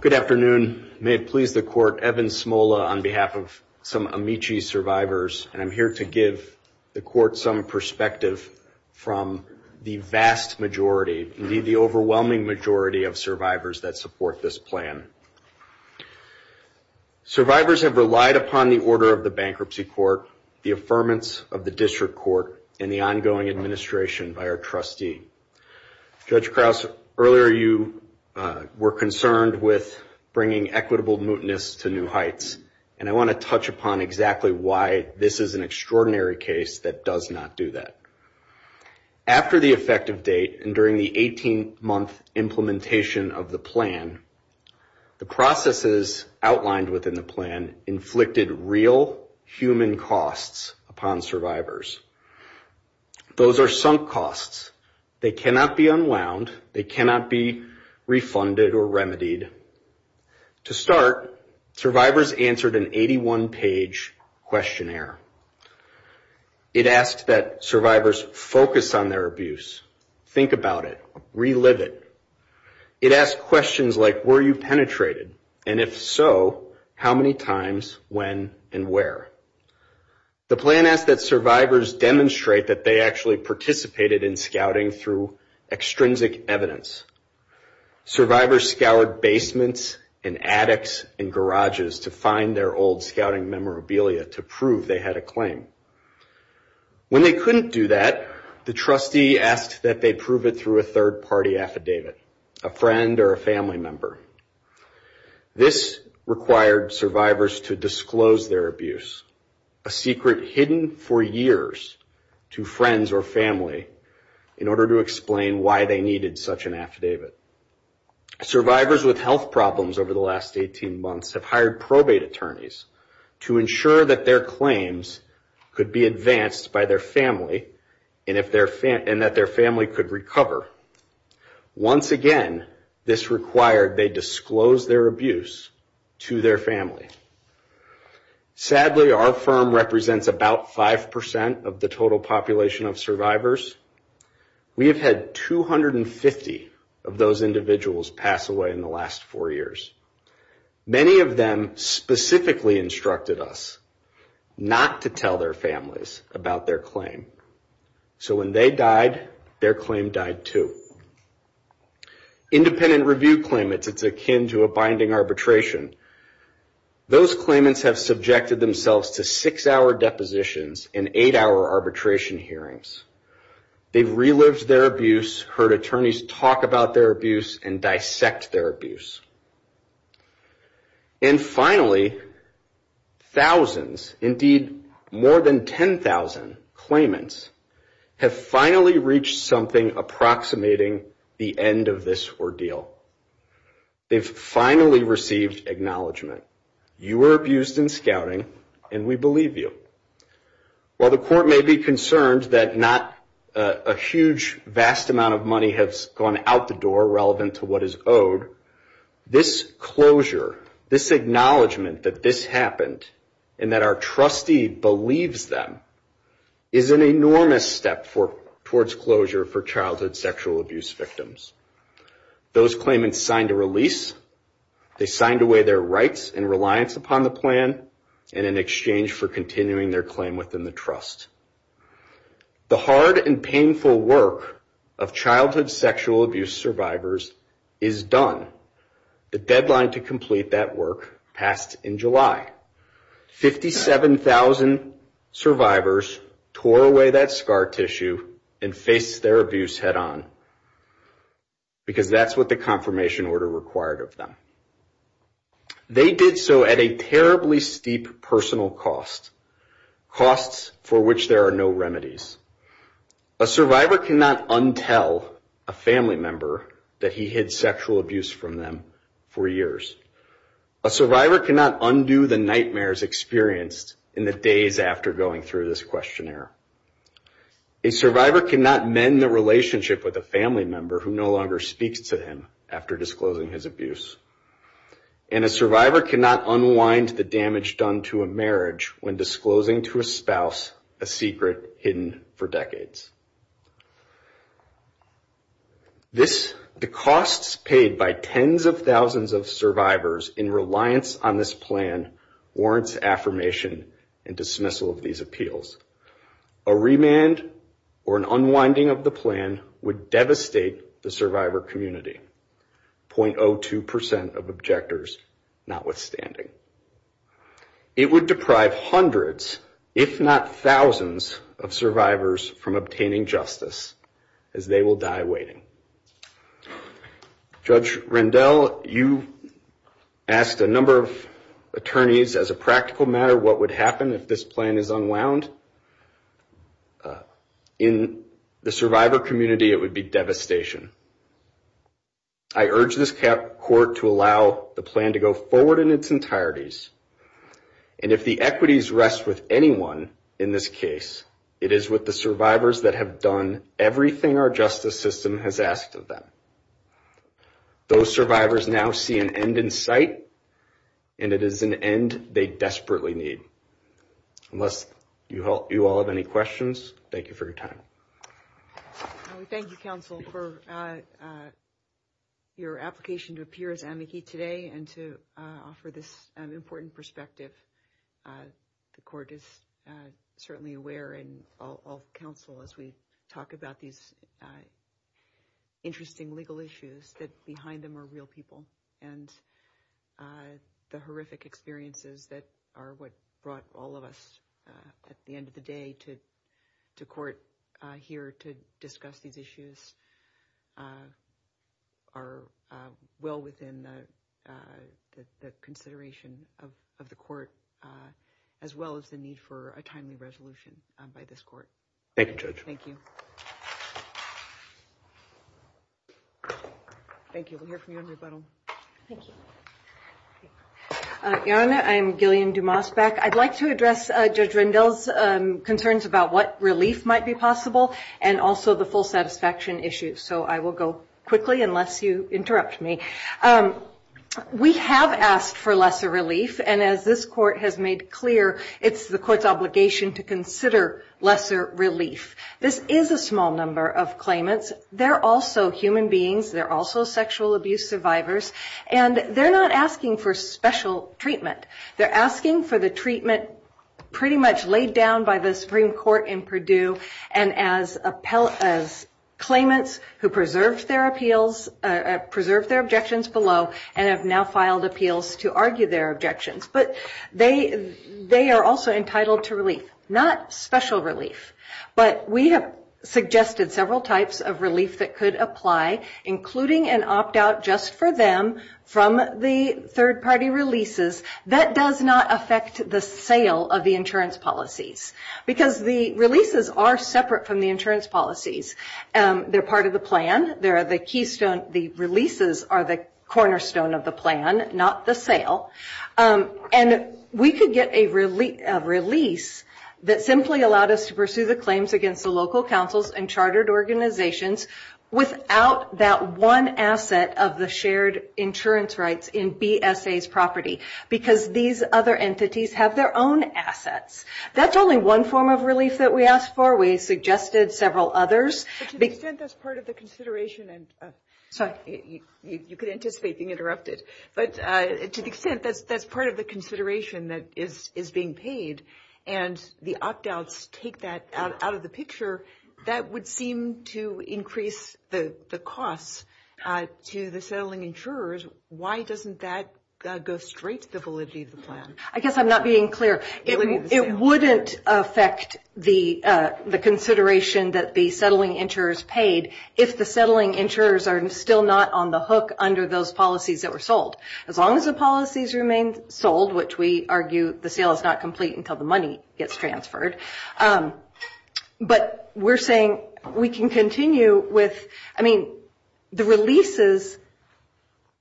Good afternoon. May it please the court, Evan Smola on behalf of some Amici survivors. I'm here to give the court some perspective from the vast majority, indeed the overwhelming majority of survivors that support this plan. Survivors have relied upon the order of the bankruptcy court, the affirmance of the district court, and the ongoing administration by our trustee. Judge Krause, earlier you were concerned with bringing equitable mootness to New Heights, and I want to touch upon exactly why this is an extraordinary case that does not do that. After the effective date and during the 18-month implementation of the plan, the processes outlined within the plan inflicted real human costs upon survivors. Those are sunk costs. They cannot be unwound. They cannot be refunded or remedied. To start, survivors answered an 81-page questionnaire. It asked that survivors focus on their abuse, think about it, relive it. It asked questions like, were you penetrated? And if so, how many times, when, and where? The plan asked that survivors demonstrate that they actually participated in scouting through extrinsic evidence. Survivors scoured basements and attics and garages to find their old scouting memorabilia to prove they had a claim. When they couldn't do that, the trustee asked that they prove it through a third-party affidavit, a friend or a family member. This required survivors to disclose their abuse, a secret hidden for years to friends or family, in order to explain why they needed such an affidavit. Survivors with health problems over the last 18 months have hired probate attorneys to ensure that their claims could be advanced by their family and that their family could recover. Once again, this required they disclose their abuse to their family. Sadly, our firm represents about 5% of the total population of survivors. We have had 250 of those individuals pass away in the last four years. Many of them specifically instructed us not to tell their families about their claim. So when they died, their claim died too. Independent review claimants, it's akin to a binding arbitration. Those claimants have subjected themselves to six-hour depositions and eight-hour arbitration hearings. They've relived their abuse, heard attorneys talk about their abuse and dissect their abuse. And finally, thousands, indeed more than 10,000 claimants, have finally reached something approximating the end of this ordeal. They've finally received acknowledgement. You were abused in scouting, and we believe you. While the court may be concerned that not a huge, vast amount of money has gone out the door relevant to what is owed, this closure, this acknowledgement that this happened and that our trustee believes them is an enormous step towards closure for childhood sexual abuse victims. Those claimants signed a release. They signed away their rights and reliance upon the plan and in exchange for continuing their claim within the trust. The hard and painful work of childhood sexual abuse survivors is done. The deadline to complete that work passed in July. 57,000 survivors tore away that scar tissue and faced their abuse head-on because that's what the confirmation order required of them. They did so at a terribly steep personal cost, costs for which there are no remedies. A survivor cannot untell a family member that he hid sexual abuse from them for years. A survivor cannot undo the nightmares experienced in the days after going through this questionnaire. A survivor cannot mend their relationship with a family member who no longer speaks to him after disclosing his abuse. And a survivor cannot unwind the damage done to a marriage when disclosing to a spouse a secret hidden for decades. The costs paid by tens of thousands of survivors in reliance on this plan warrants affirmation and dismissal of these appeals. A remand or an unwinding of the plan would devastate the survivor community, 0.02% of objectors notwithstanding. It would deprive hundreds, if not thousands, of survivors from obtaining justice as they will die waiting. Judge Rendell, you asked a number of attorneys, as a practical matter, what would happen if this plan is unwound. In the survivor community, it would be devastation. I urge this court to allow the plan to go forward in its entireties. And if the equities rest with anyone in this case, it is with the survivors that have done everything our justice system has asked of them. Those survivors now see an end in sight, and it is an end they desperately need. Unless you all have any questions, thank you for your time. Thank you, counsel, for your application to appear as an advocate today and to offer this important perspective. The court is certainly aware, and I'll counsel as we talk about these interesting legal issues, that behind them are real people and the horrific experiences that are what brought all of us at the end of the day to court here to discuss these issues are well within the consideration of the court, as well as the need for a timely resolution by this court. Thank you, Judge. Thank you. Thank you. We'll hear from you in a little. Thank you. Your Honor, I'm Gillian Dumas-Beck. I'd like to address Judge Rendell's concerns about what relief might be possible and also the full satisfaction issues. So I will go quickly, unless you interrupt me. We have asked for lesser relief, and as this court has made clear, it's the court's obligation to consider lesser relief. This is a small number of claimants. They're also human beings. They're also sexual abuse survivors. And they're not asking for special treatment. They're asking for the treatment pretty much laid down by the Supreme Court in Purdue and as claimants who preserved their appeals, preserved their objections below, and have now filed appeals to argue their objections. But they are also entitled to relief, not special relief. But we have suggested several types of relief that could apply, including an opt-out just for them from the third-party releases. That does not affect the sale of the insurance policies, because the releases are separate from the insurance policies. They're part of the plan. The releases are the cornerstone of the plan, not the sale. And we could get a release that simply allowed us to pursue the claims against the local councils and chartered organizations without that one asset of the shared insurance rights in BSA's property, because these other entities have their own assets. That's only one form of relief that we asked for. We suggested several others. To the extent that's part of the consideration, and you can anticipate being interrupted, but to the extent that's part of the consideration that is being paid and the opt-outs take that out of the picture, that would seem to increase the cost to the settling insurers. Why doesn't that go straight to the validity of the plan? I guess I'm not being clear. It wouldn't affect the consideration that the settling insurers paid if the settling insurers are still not on the hook under those policies that were sold. As long as the policies remain sold, which we argue the sale is not complete until the money gets transferred. But we're saying we can continue with the releases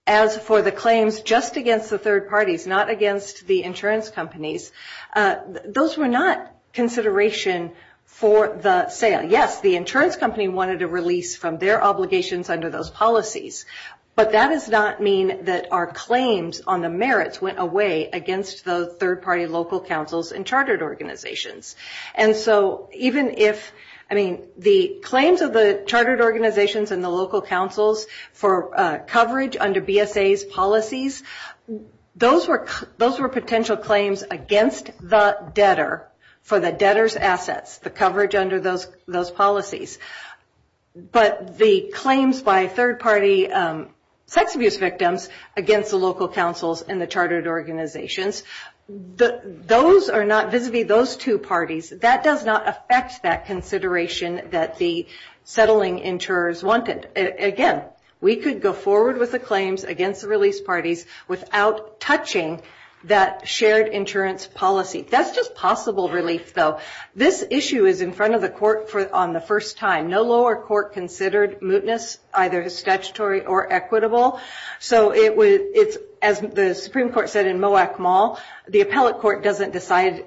as for the claims just against the third parties, not against the insurance companies. Those were not consideration for the sale. Yes, the insurance company wanted a release from their obligations under those policies. But that does not mean that our claims on the merits went away against the third-party local councils and chartered organizations. The claims of the chartered organizations and the local councils for coverage under BSA's policies, those were potential claims against the debtor for the debtor's assets, the coverage under those policies. But the claims by third-party sex abuse victims against the local councils and the chartered organizations, those are not visibly those two parties. That does not affect that consideration that the settling insurers wanted. Again, we could go forward with the claims against the release parties without touching that shared insurance policy. That's just possible release, though. This issue is in front of the court on the first time. No lower court considered mootness, either statutory or equitable. As the Supreme Court said in Moak Mall, the appellate court doesn't decide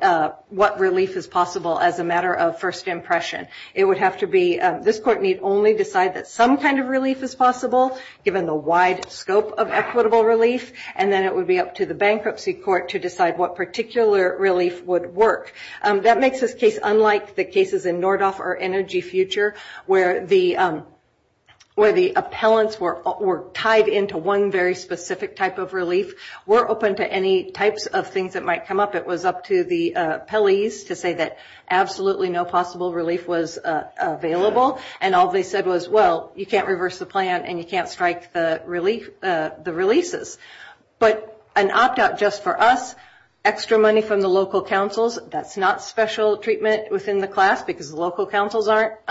what release is possible as a matter of first impression. This court need only decide that some kind of release is possible given the wide scope of equitable release, and then it would be up to the bankruptcy court to decide what particular release would work. That makes this case unlike the cases in Nordhoff or Energy Future where the appellants were tied into one very specific type of relief. We're open to any types of things that might come up. It was up to the appellees to say that absolutely no possible relief was available, and all they said was, well, you can't reverse the plan and you can't strike the releases. But an opt-out just for us, extra money from the local councils, that's not special treatment within the class because local councils aren't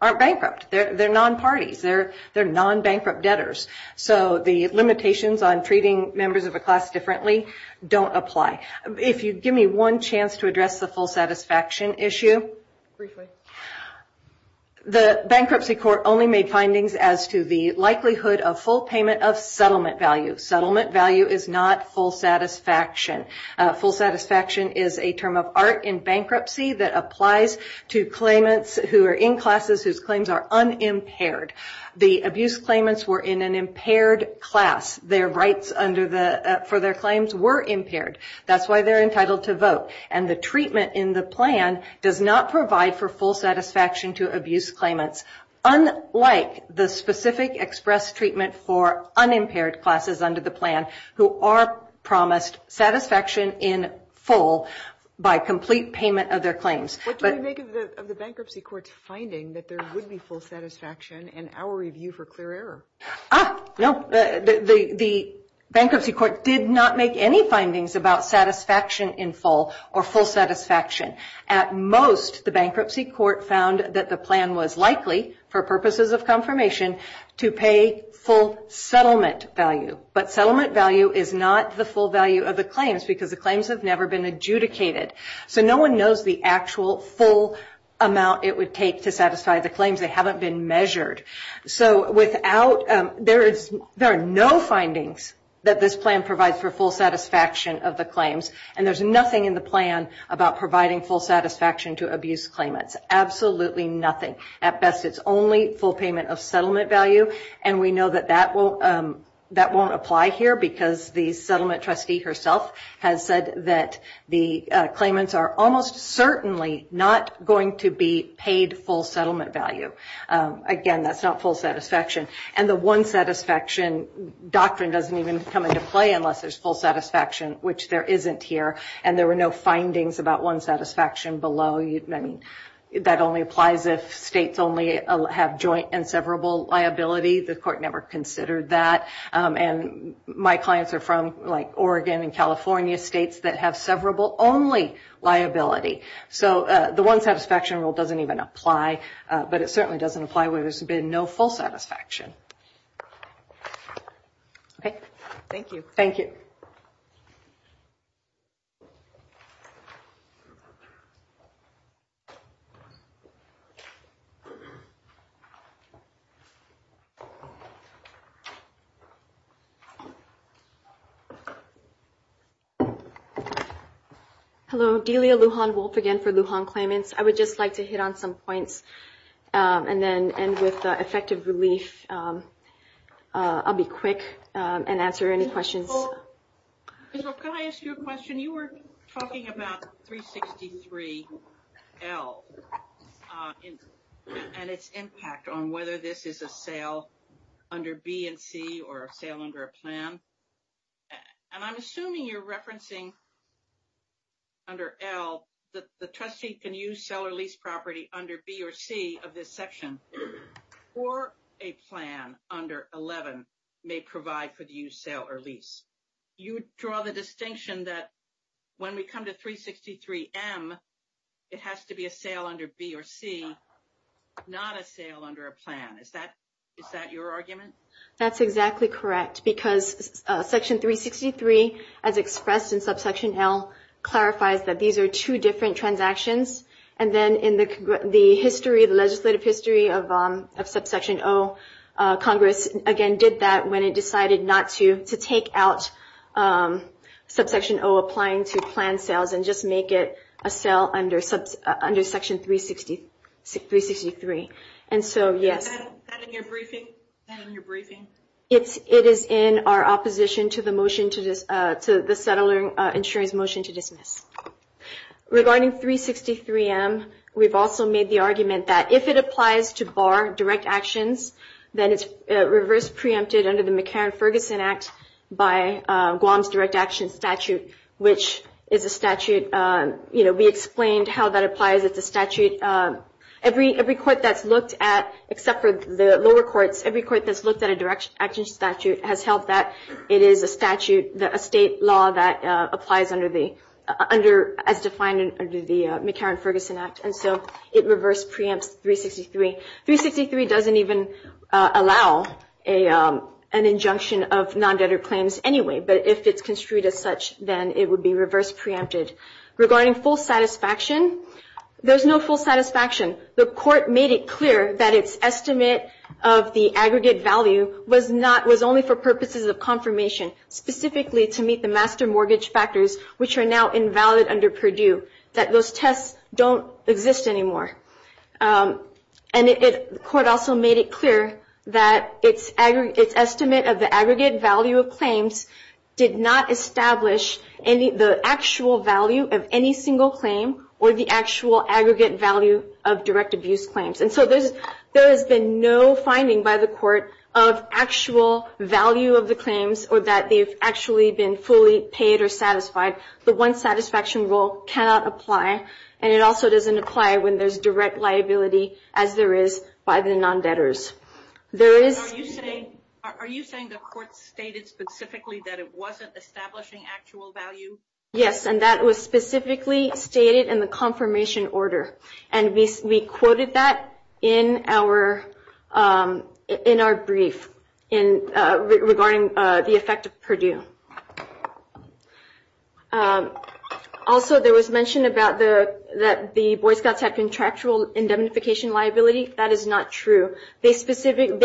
bankrupt. They're non-parties. They're non-bankrupt debtors. So the limitations on treating members of a class differently don't apply. If you'd give me one chance to address the full satisfaction issue. Briefly. The bankruptcy court only made findings as to the likelihood of full payment of settlement value. Settlement value is not full satisfaction. Full satisfaction is a term of art in bankruptcy that applies to claimants who are in classes whose claims are unimpaired. The abuse claimants were in an impaired class. Their rights for their claims were impaired. That's why they're entitled to vote. And the treatment in the plan does not provide for full satisfaction to abuse claimants, unlike the specific express treatment for unimpaired classes under the plan who are promised satisfaction in full by complete payment of their claims. What do we make of the bankruptcy court's finding that there would be full satisfaction in our review for clear error? Ah, no. The bankruptcy court did not make any findings about satisfaction in full or full satisfaction. At most, the bankruptcy court found that the plan was likely, for purposes of confirmation, to pay full settlement value. But settlement value is not the full value of the claims because the claims have never been adjudicated. So no one knows the actual full amount it would take to satisfy the claims. They haven't been measured. So there are no findings that this plan provides for full satisfaction of the claims. And there's nothing in the plan about providing full satisfaction to abuse claimants. Absolutely nothing. At best, it's only full payment of settlement value. And we know that that won't apply here because the settlement trustee herself has said that the claimants are almost certainly not going to be paid full settlement value. Again, that's not full satisfaction. And the one satisfaction doctrine doesn't even come into play unless there's full satisfaction, which there isn't here. And there were no findings about one satisfaction below. That only applies if states only have joint and severable liabilities. The court never considered that. And my clients are from, like, Oregon and California, states that have severable only liability. So the one satisfaction rule doesn't even apply. But it certainly doesn't apply where there's been no full satisfaction. Thank you. Thank you. Thank you. Hello. Delia Lujan-Wolf again for Lujan Claimants. I would just like to hit on some points and then end with effective relief. I'll be quick and answer any questions. Can I ask you a question? You were talking about 363L and its impact on whether this is a sale under B and C or a sale under a plan. And I'm assuming you're referencing under L that the trustee can use sell or lease property under B or C of this section or a plan under 11 may provide for the use, sell, or lease. You draw the distinction that when we come to 363M, it has to be a sale under B or C, not a sale under a plan. Is that your argument? That's exactly correct because Section 363, as expressed in subsection L, clarifies that these are two different transactions. And then in the legislative history of subsection O, Congress, again, did that when it decided not to take out subsection O applying to plan sales and just make it a sale under section 363. Is that in your briefing? It is in our opposition to the settler insurance motion to dismiss. Regarding 363M, we've also made the argument that if it applies to bar direct actions, then it's reverse preempted under the McCarran-Ferguson Act by Guam's direct action statute, which is a statute. We explained how that applies. It's a statute. Every court that's looked at, except for the lower courts, every court that's looked at a direct action statute has held that it is a statute, a state law that applies as defined under the McCarran-Ferguson Act, and so it reverse preempts 363. 363 doesn't even allow an injunction of non-debtor claims anyway, but if it's construed as such, then it would be reverse preempted. Regarding full satisfaction, there's no full satisfaction. The court made it clear that its estimate of the aggregate value was only for purposes of confirmation, specifically to meet the master mortgage factors, which are now invalid under Purdue, that those tests don't exist anymore. And the court also made it clear that its estimate of the aggregate value of claims did not establish the actual value of any single claim or the actual aggregate value of direct abuse claims. And so there has been no finding by the court of actual value of the claims or that they've actually been fully paid or satisfied. The one satisfaction rule cannot apply, and it also doesn't apply when there's direct liability as there is by the non-debtors. Are you saying the court stated specifically that it wasn't establishing actual value? Yes, and that was specifically stated in the confirmation order, and we quoted that in our brief regarding the effect of Purdue. Also, there was mention that the Boy Scouts had contractual indemnification liability. That is not true. They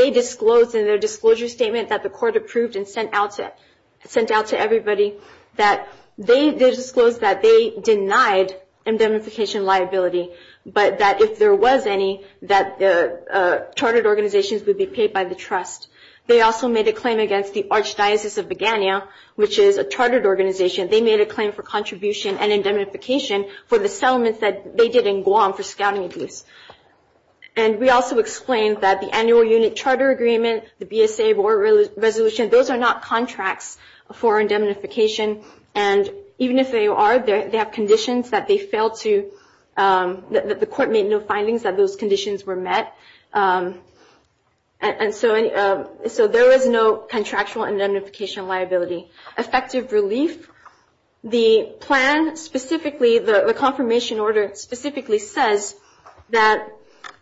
disclosed in their disclosure statement that the court approved and sent out to everybody that they They disclosed that they denied indemnification liability, but that if there was any, that the chartered organizations would be paid by the trust. They also made a claim against the Archdiocese of Bagania, which is a chartered organization. They made a claim for contribution and indemnification for the settlements that they did in Guam for scouting abuse. And we also explained that the annual unit charter agreement, the BSA board resolution, those are not contracts for indemnification, and even if they are, they have conditions that they failed to that the court made no findings that those conditions were met. And so there is no contractual indemnification liability. Effective relief, the plan specifically, the confirmation order specifically says that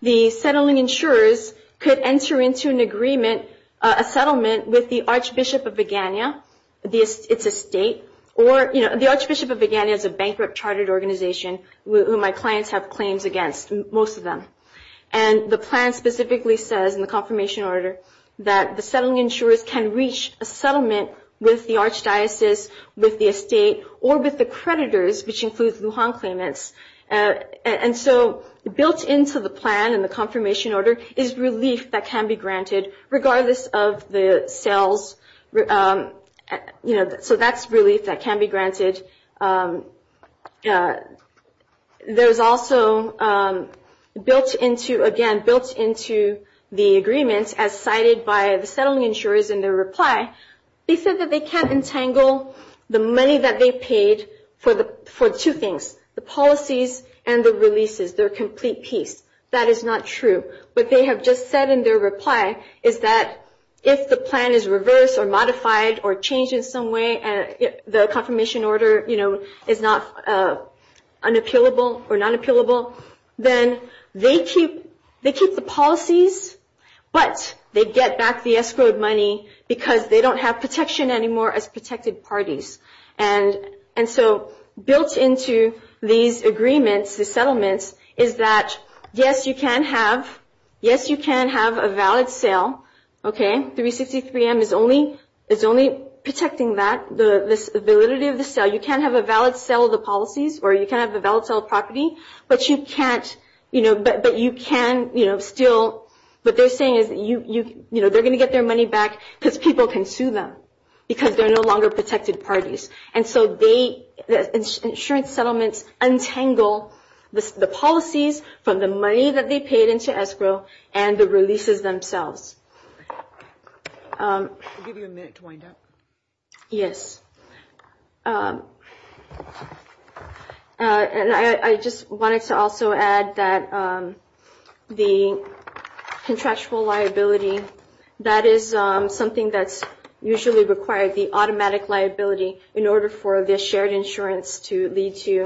the settling insurers could enter into an agreement, a settlement, with the Archbishop of Bagania. It's a state. The Archbishop of Bagania is a bankrupt chartered organization who my clients have claims against, most of them. And the plan specifically says in the confirmation order that the settling insurers can reach a settlement with the Archdiocese, with the estate, or with the creditors, which includes Wuhan claimants. And so built into the plan and the confirmation order is relief that can be granted regardless of the sales. So that's relief that can be granted. There's also, again, built into the agreement, as cited by the settling insurers in their reply, they said that they can't entangle the money that they paid for two things, the policies and the releases. They're a complete piece. That is not true. What they have just said in their reply is that if the plan is reversed or modified or changed in some way, the confirmation order is not unappealable or not appealable, then they keep the policies, but they get back the escrowed money because they don't have protection anymore as protected parties. And so built into these agreements, these settlements, is that, yes, you can have a valid sale. Okay? 363M is only protecting that, the validity of the sale. You can't have a valid sale of the policies or you can't have a valid sale of property, but you can still – what they're saying is they're going to get their money back because people can sue them because they're no longer protected parties. And so the insurance settlements untangle the policies from the money that they paid into escrow and the releases themselves. I'll give you a minute to wind up. Yes. And I just wanted to also add that the contractual liability, that is something that's usually required, the automatic liability, in order for the shared insurance to lead to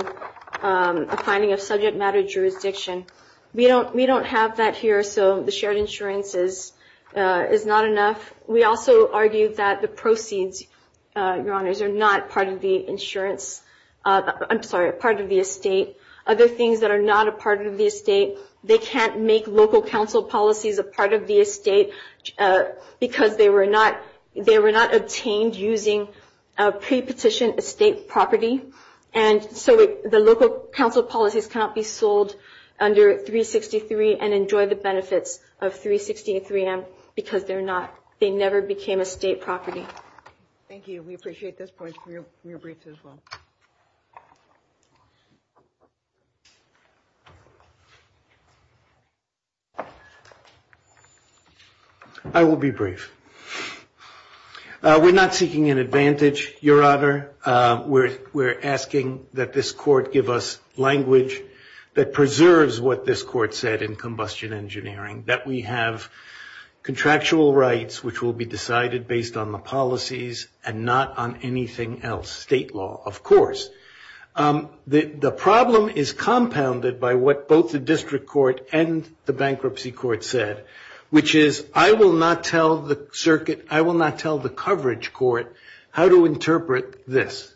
a finding of subject matter jurisdiction. We don't have that here, so the shared insurance is not enough. We also argue that the proceeds, Your Honors, are not part of the insurance – I'm sorry, part of the estate. Other things that are not a part of the estate, they can't make local council policies a part of the estate because they were not obtained using pre-petition estate property. And so the local council policies cannot be sold under 363 and enjoy the benefits of 363M because they're not – they never became estate property. Thank you. We appreciate this point. We're brief as well. I will be brief. We're not seeking an advantage, Your Honor. We're asking that this court give us language that preserves what this court said in combustion engineering, that we have contractual rights which will be decided based on the policies and not on anything else. State law, of course. The problem is compounded by what both the district court and the bankruptcy court said, which is, I will not tell the circuit – I will not tell the coverage court how to interpret this,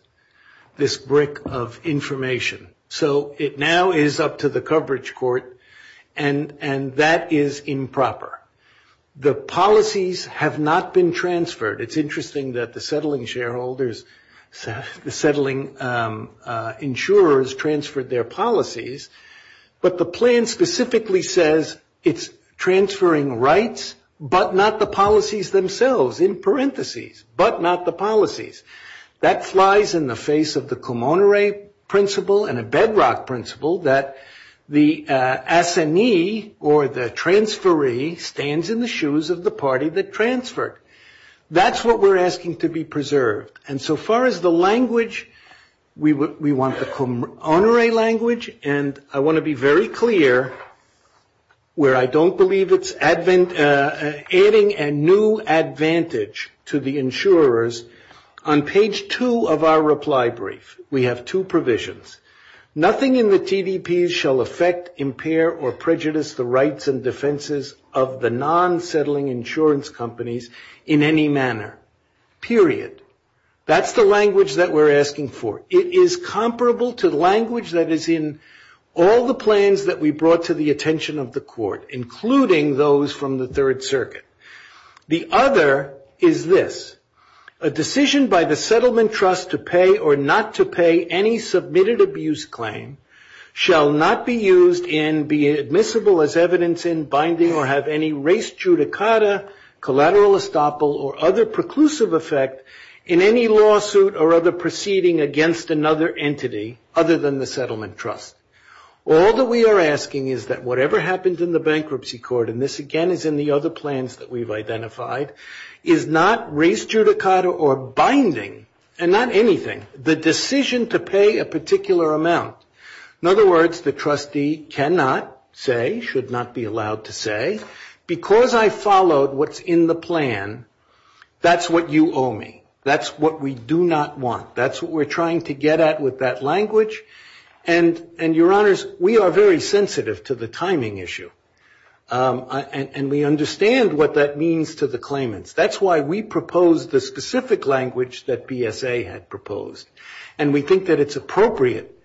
this brick of information. So it now is up to the coverage court, and that is improper. The policies have not been transferred. It's interesting that the settling shareholders – the settling insurers transferred their policies, but the plan specifically says it's transferring rights but not the policies themselves in parentheses, but not the policies. That flies in the face of the commonerate principle and a bedrock principle that the assignee or the transferee stands in the shoes of the party that transferred. That's what we're asking to be preserved. And so far as the language, we want the commonerate language, and I want to be very clear where I don't believe it's adding a new advantage to the insurers. On page two of our reply brief, we have two provisions. Nothing in the TVPs shall affect, impair, or prejudice the rights and defenses of the non-settling insurance companies in any manner, period. That's the language that we're asking for. It is comparable to the language that is in all the plans that we brought to the attention of the court, including those from the Third Circuit. The other is this. A decision by the settlement trust to pay or not to pay any submitted abuse claim shall not be used and be admissible as evidence in binding or have any res judicata, collateral estoppel, or other preclusive effect in any lawsuit or other proceeding against another entity other than the settlement trust. All that we are asking is that whatever happens in the bankruptcy court, and this again is in the other plans that we've identified, is not res judicata or binding, and not anything, the decision to pay a particular amount. In other words, the trustee cannot say, should not be allowed to say, because I followed what's in the plan, that's what you owe me. That's what we do not want. That's what we're trying to get at with that language. And, Your Honors, we are very sensitive to the timing issue, and we understand what that means to the claimants. That's why we proposed the specific language that BSA had proposed, and we think that it's appropriate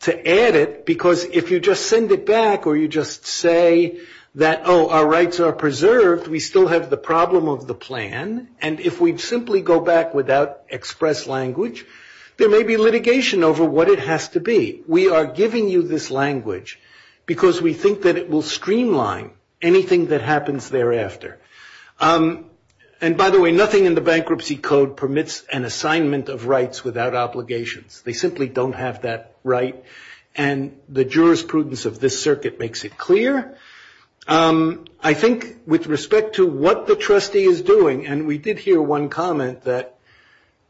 to add it because if you just send it back or you just say that, oh, our rights are preserved, we still have the problem of the plan, and if we simply go back without express language, there may be litigation over what it has to be. We are giving you this language because we think that it will streamline anything that happens thereafter. And, by the way, nothing in the Bankruptcy Code permits an assignment of rights without obligations. They simply don't have that right, and the jurisprudence of this circuit makes it clear. I think with respect to what the trustee is doing, and we did hear one comment that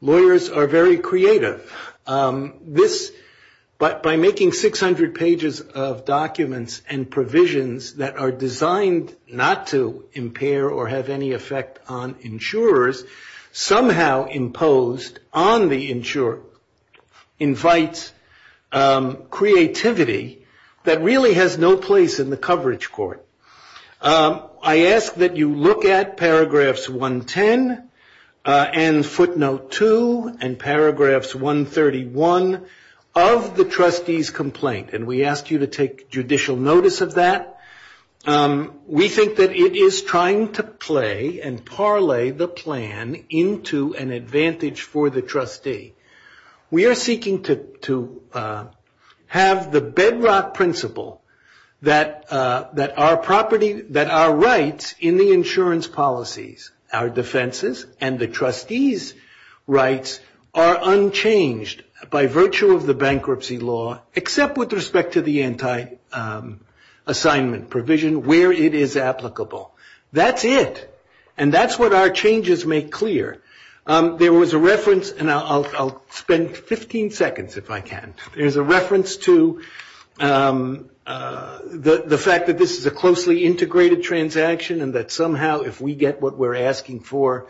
lawyers are very creative, but by making 600 pages of documents and provisions that are designed not to impair or have any effect on insurers, somehow imposed on the insurer invites creativity that really has no place in the coverage court. I ask that you look at paragraphs 110 and footnote 2 and paragraphs 131 of the trustee's complaint, and we ask you to take judicial notice of that. We think that it is trying to play and parlay the plan into an advantage for the trustee. We are seeking to have the bedrock principle that our rights in the insurance policies, our defenses and the trustees' rights are unchanged by virtue of the bankruptcy law, except with respect to the anti-assignment provision where it is applicable. That's it, and that's what our changes make clear. There was a reference, and I'll spend 15 seconds if I can. There's a reference to the fact that this is a closely integrated transaction and that somehow if we get what we're asking for,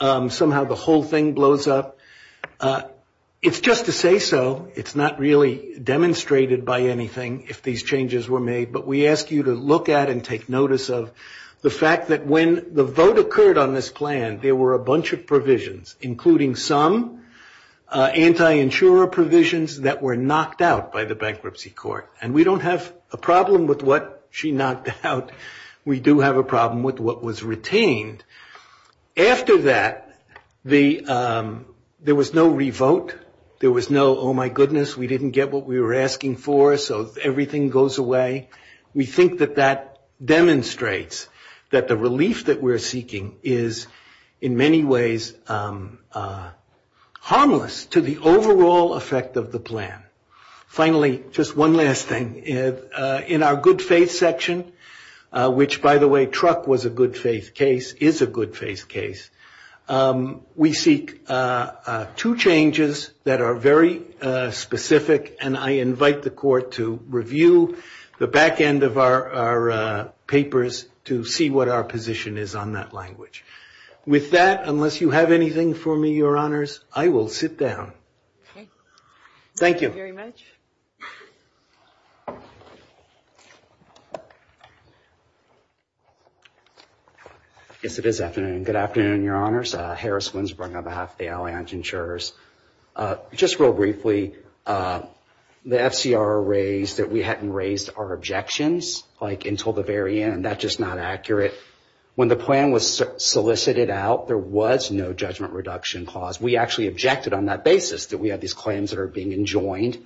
somehow the whole thing blows up. It's just to say so. It's not really demonstrated by anything if these changes were made, but we ask you to look at and take notice of the fact that when the vote occurred on this plan, there were a bunch of provisions, including some anti-insurer provisions that were knocked out by the bankruptcy court, and we don't have a problem with what she knocked out. We do have a problem with what was retained. After that, there was no revote. There was no, oh, my goodness, we didn't get what we were asking for, so everything goes away. We think that that demonstrates that the relief that we're seeking is in many ways harmless to the overall effect of the plan. Finally, just one last thing. In our good faith section, which by the way, truck was a good faith case, is a good faith case, we seek two changes that are very specific, and I invite the court to review the back end of our papers to see what our position is on that language. With that, unless you have anything for me, Your Honors, I will sit down. Okay. Thank you. Thank you very much. Yes, it is afternoon. Good afternoon, Your Honors. Harris, Winsbrough, Navaffe, the Alliant Insurers. Just real briefly, the FCR raised that we hadn't raised our objections until the very end. That's just not accurate. When the plan was solicited out, there was no judgment reduction clause. We actually objected on that basis that we had these claims that are being enjoined,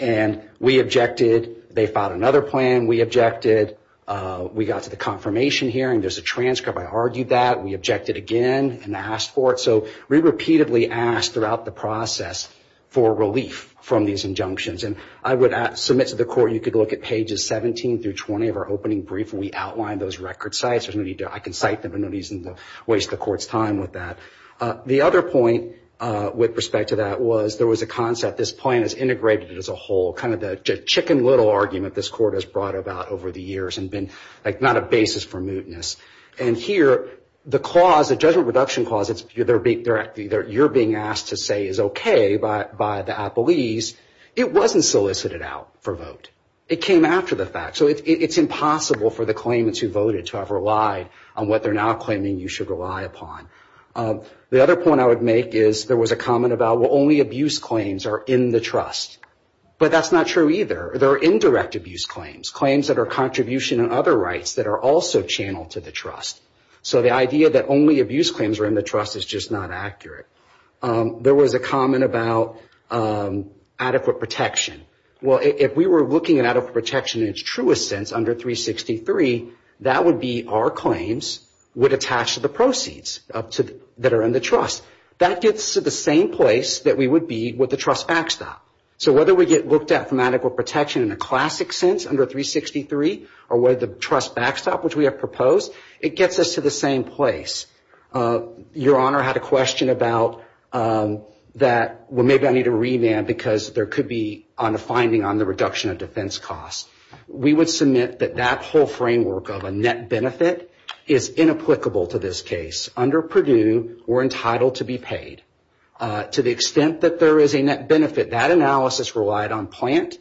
and we objected. They filed another plan. We objected. We got to the confirmation hearing. There's a transcript. I argued that. We objected again and asked for it. So we repeatedly asked throughout the process for relief from these injunctions, and I would submit to the court you could look at pages 17 through 20 of our opening brief, and we outlined those record sites. I can cite them. I don't want to waste the court's time with that. The other point with respect to that was there was a concept. This plan is integrated as a whole, kind of the chicken little argument this court has brought about over the years and been not a basis for mootness. And here, the clause, the judgment reduction clause, you're being asked to say is okay by the appellees. It wasn't solicited out for vote. It came after the fact. So it's impossible for the claimants who voted to have relied on what they're now claiming you should rely upon. The other point I would make is there was a comment about, well, only abuse claims are in the trust. But that's not true either. There are indirect abuse claims, claims that are contribution and other rights that are also channeled to the trust. So the idea that only abuse claims are in the trust is just not accurate. There was a comment about adequate protection. Well, if we were looking at adequate protection in its truest sense under 363, that would be our claims would attach to the proceeds that are in the trust. That gets to the same place that we would be with the trust backstop. So whether we get looked at for medical protection in a classic sense under 363 or whether the trust backstop, which we have proposed, it gets us to the same place. Your Honor, I had a question about that. Well, maybe I need a remand because there could be a finding on the reduction of defense costs. We would submit that that whole framework of a net benefit is inapplicable to this case. Under Purdue, we're entitled to be paid. To the extent that there is a net benefit, that analysis relied on plant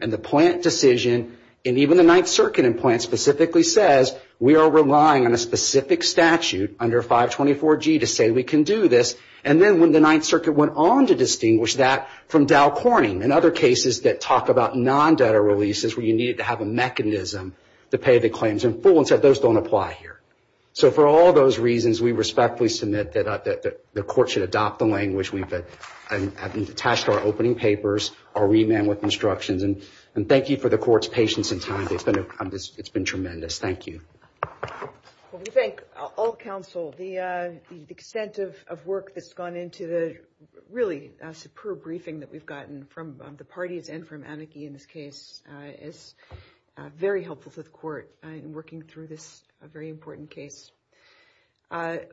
and the plant decision, and even the Ninth Circuit in plant specifically says we are relying on a specific statute under 524G to say we can do this. And then when the Ninth Circuit went on to distinguish that from Dow Corning and other cases that talk about non-debtor releases where you need to have a mechanism to pay the claims in full and said those don't apply here. So for all those reasons, we respectfully submit that the court should adopt the language that has been attached to our opening papers, our remand with instructions. And thank you for the court's patience and time. It's been tremendous. Thank you. Well, we thank all counsel. The extent of work that's gone into the really superb briefing that we've gotten from the parties and from Anneke in this case is very helpful to the court in working through this very important case.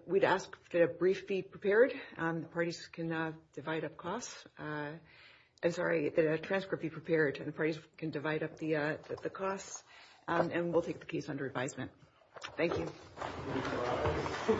We'd ask that a brief be prepared. The parties can divide up costs. I'm sorry, a transcript be prepared and the parties can divide up the costs. And we'll take the case under advisement. Thank you. Thank you. The hearing stops.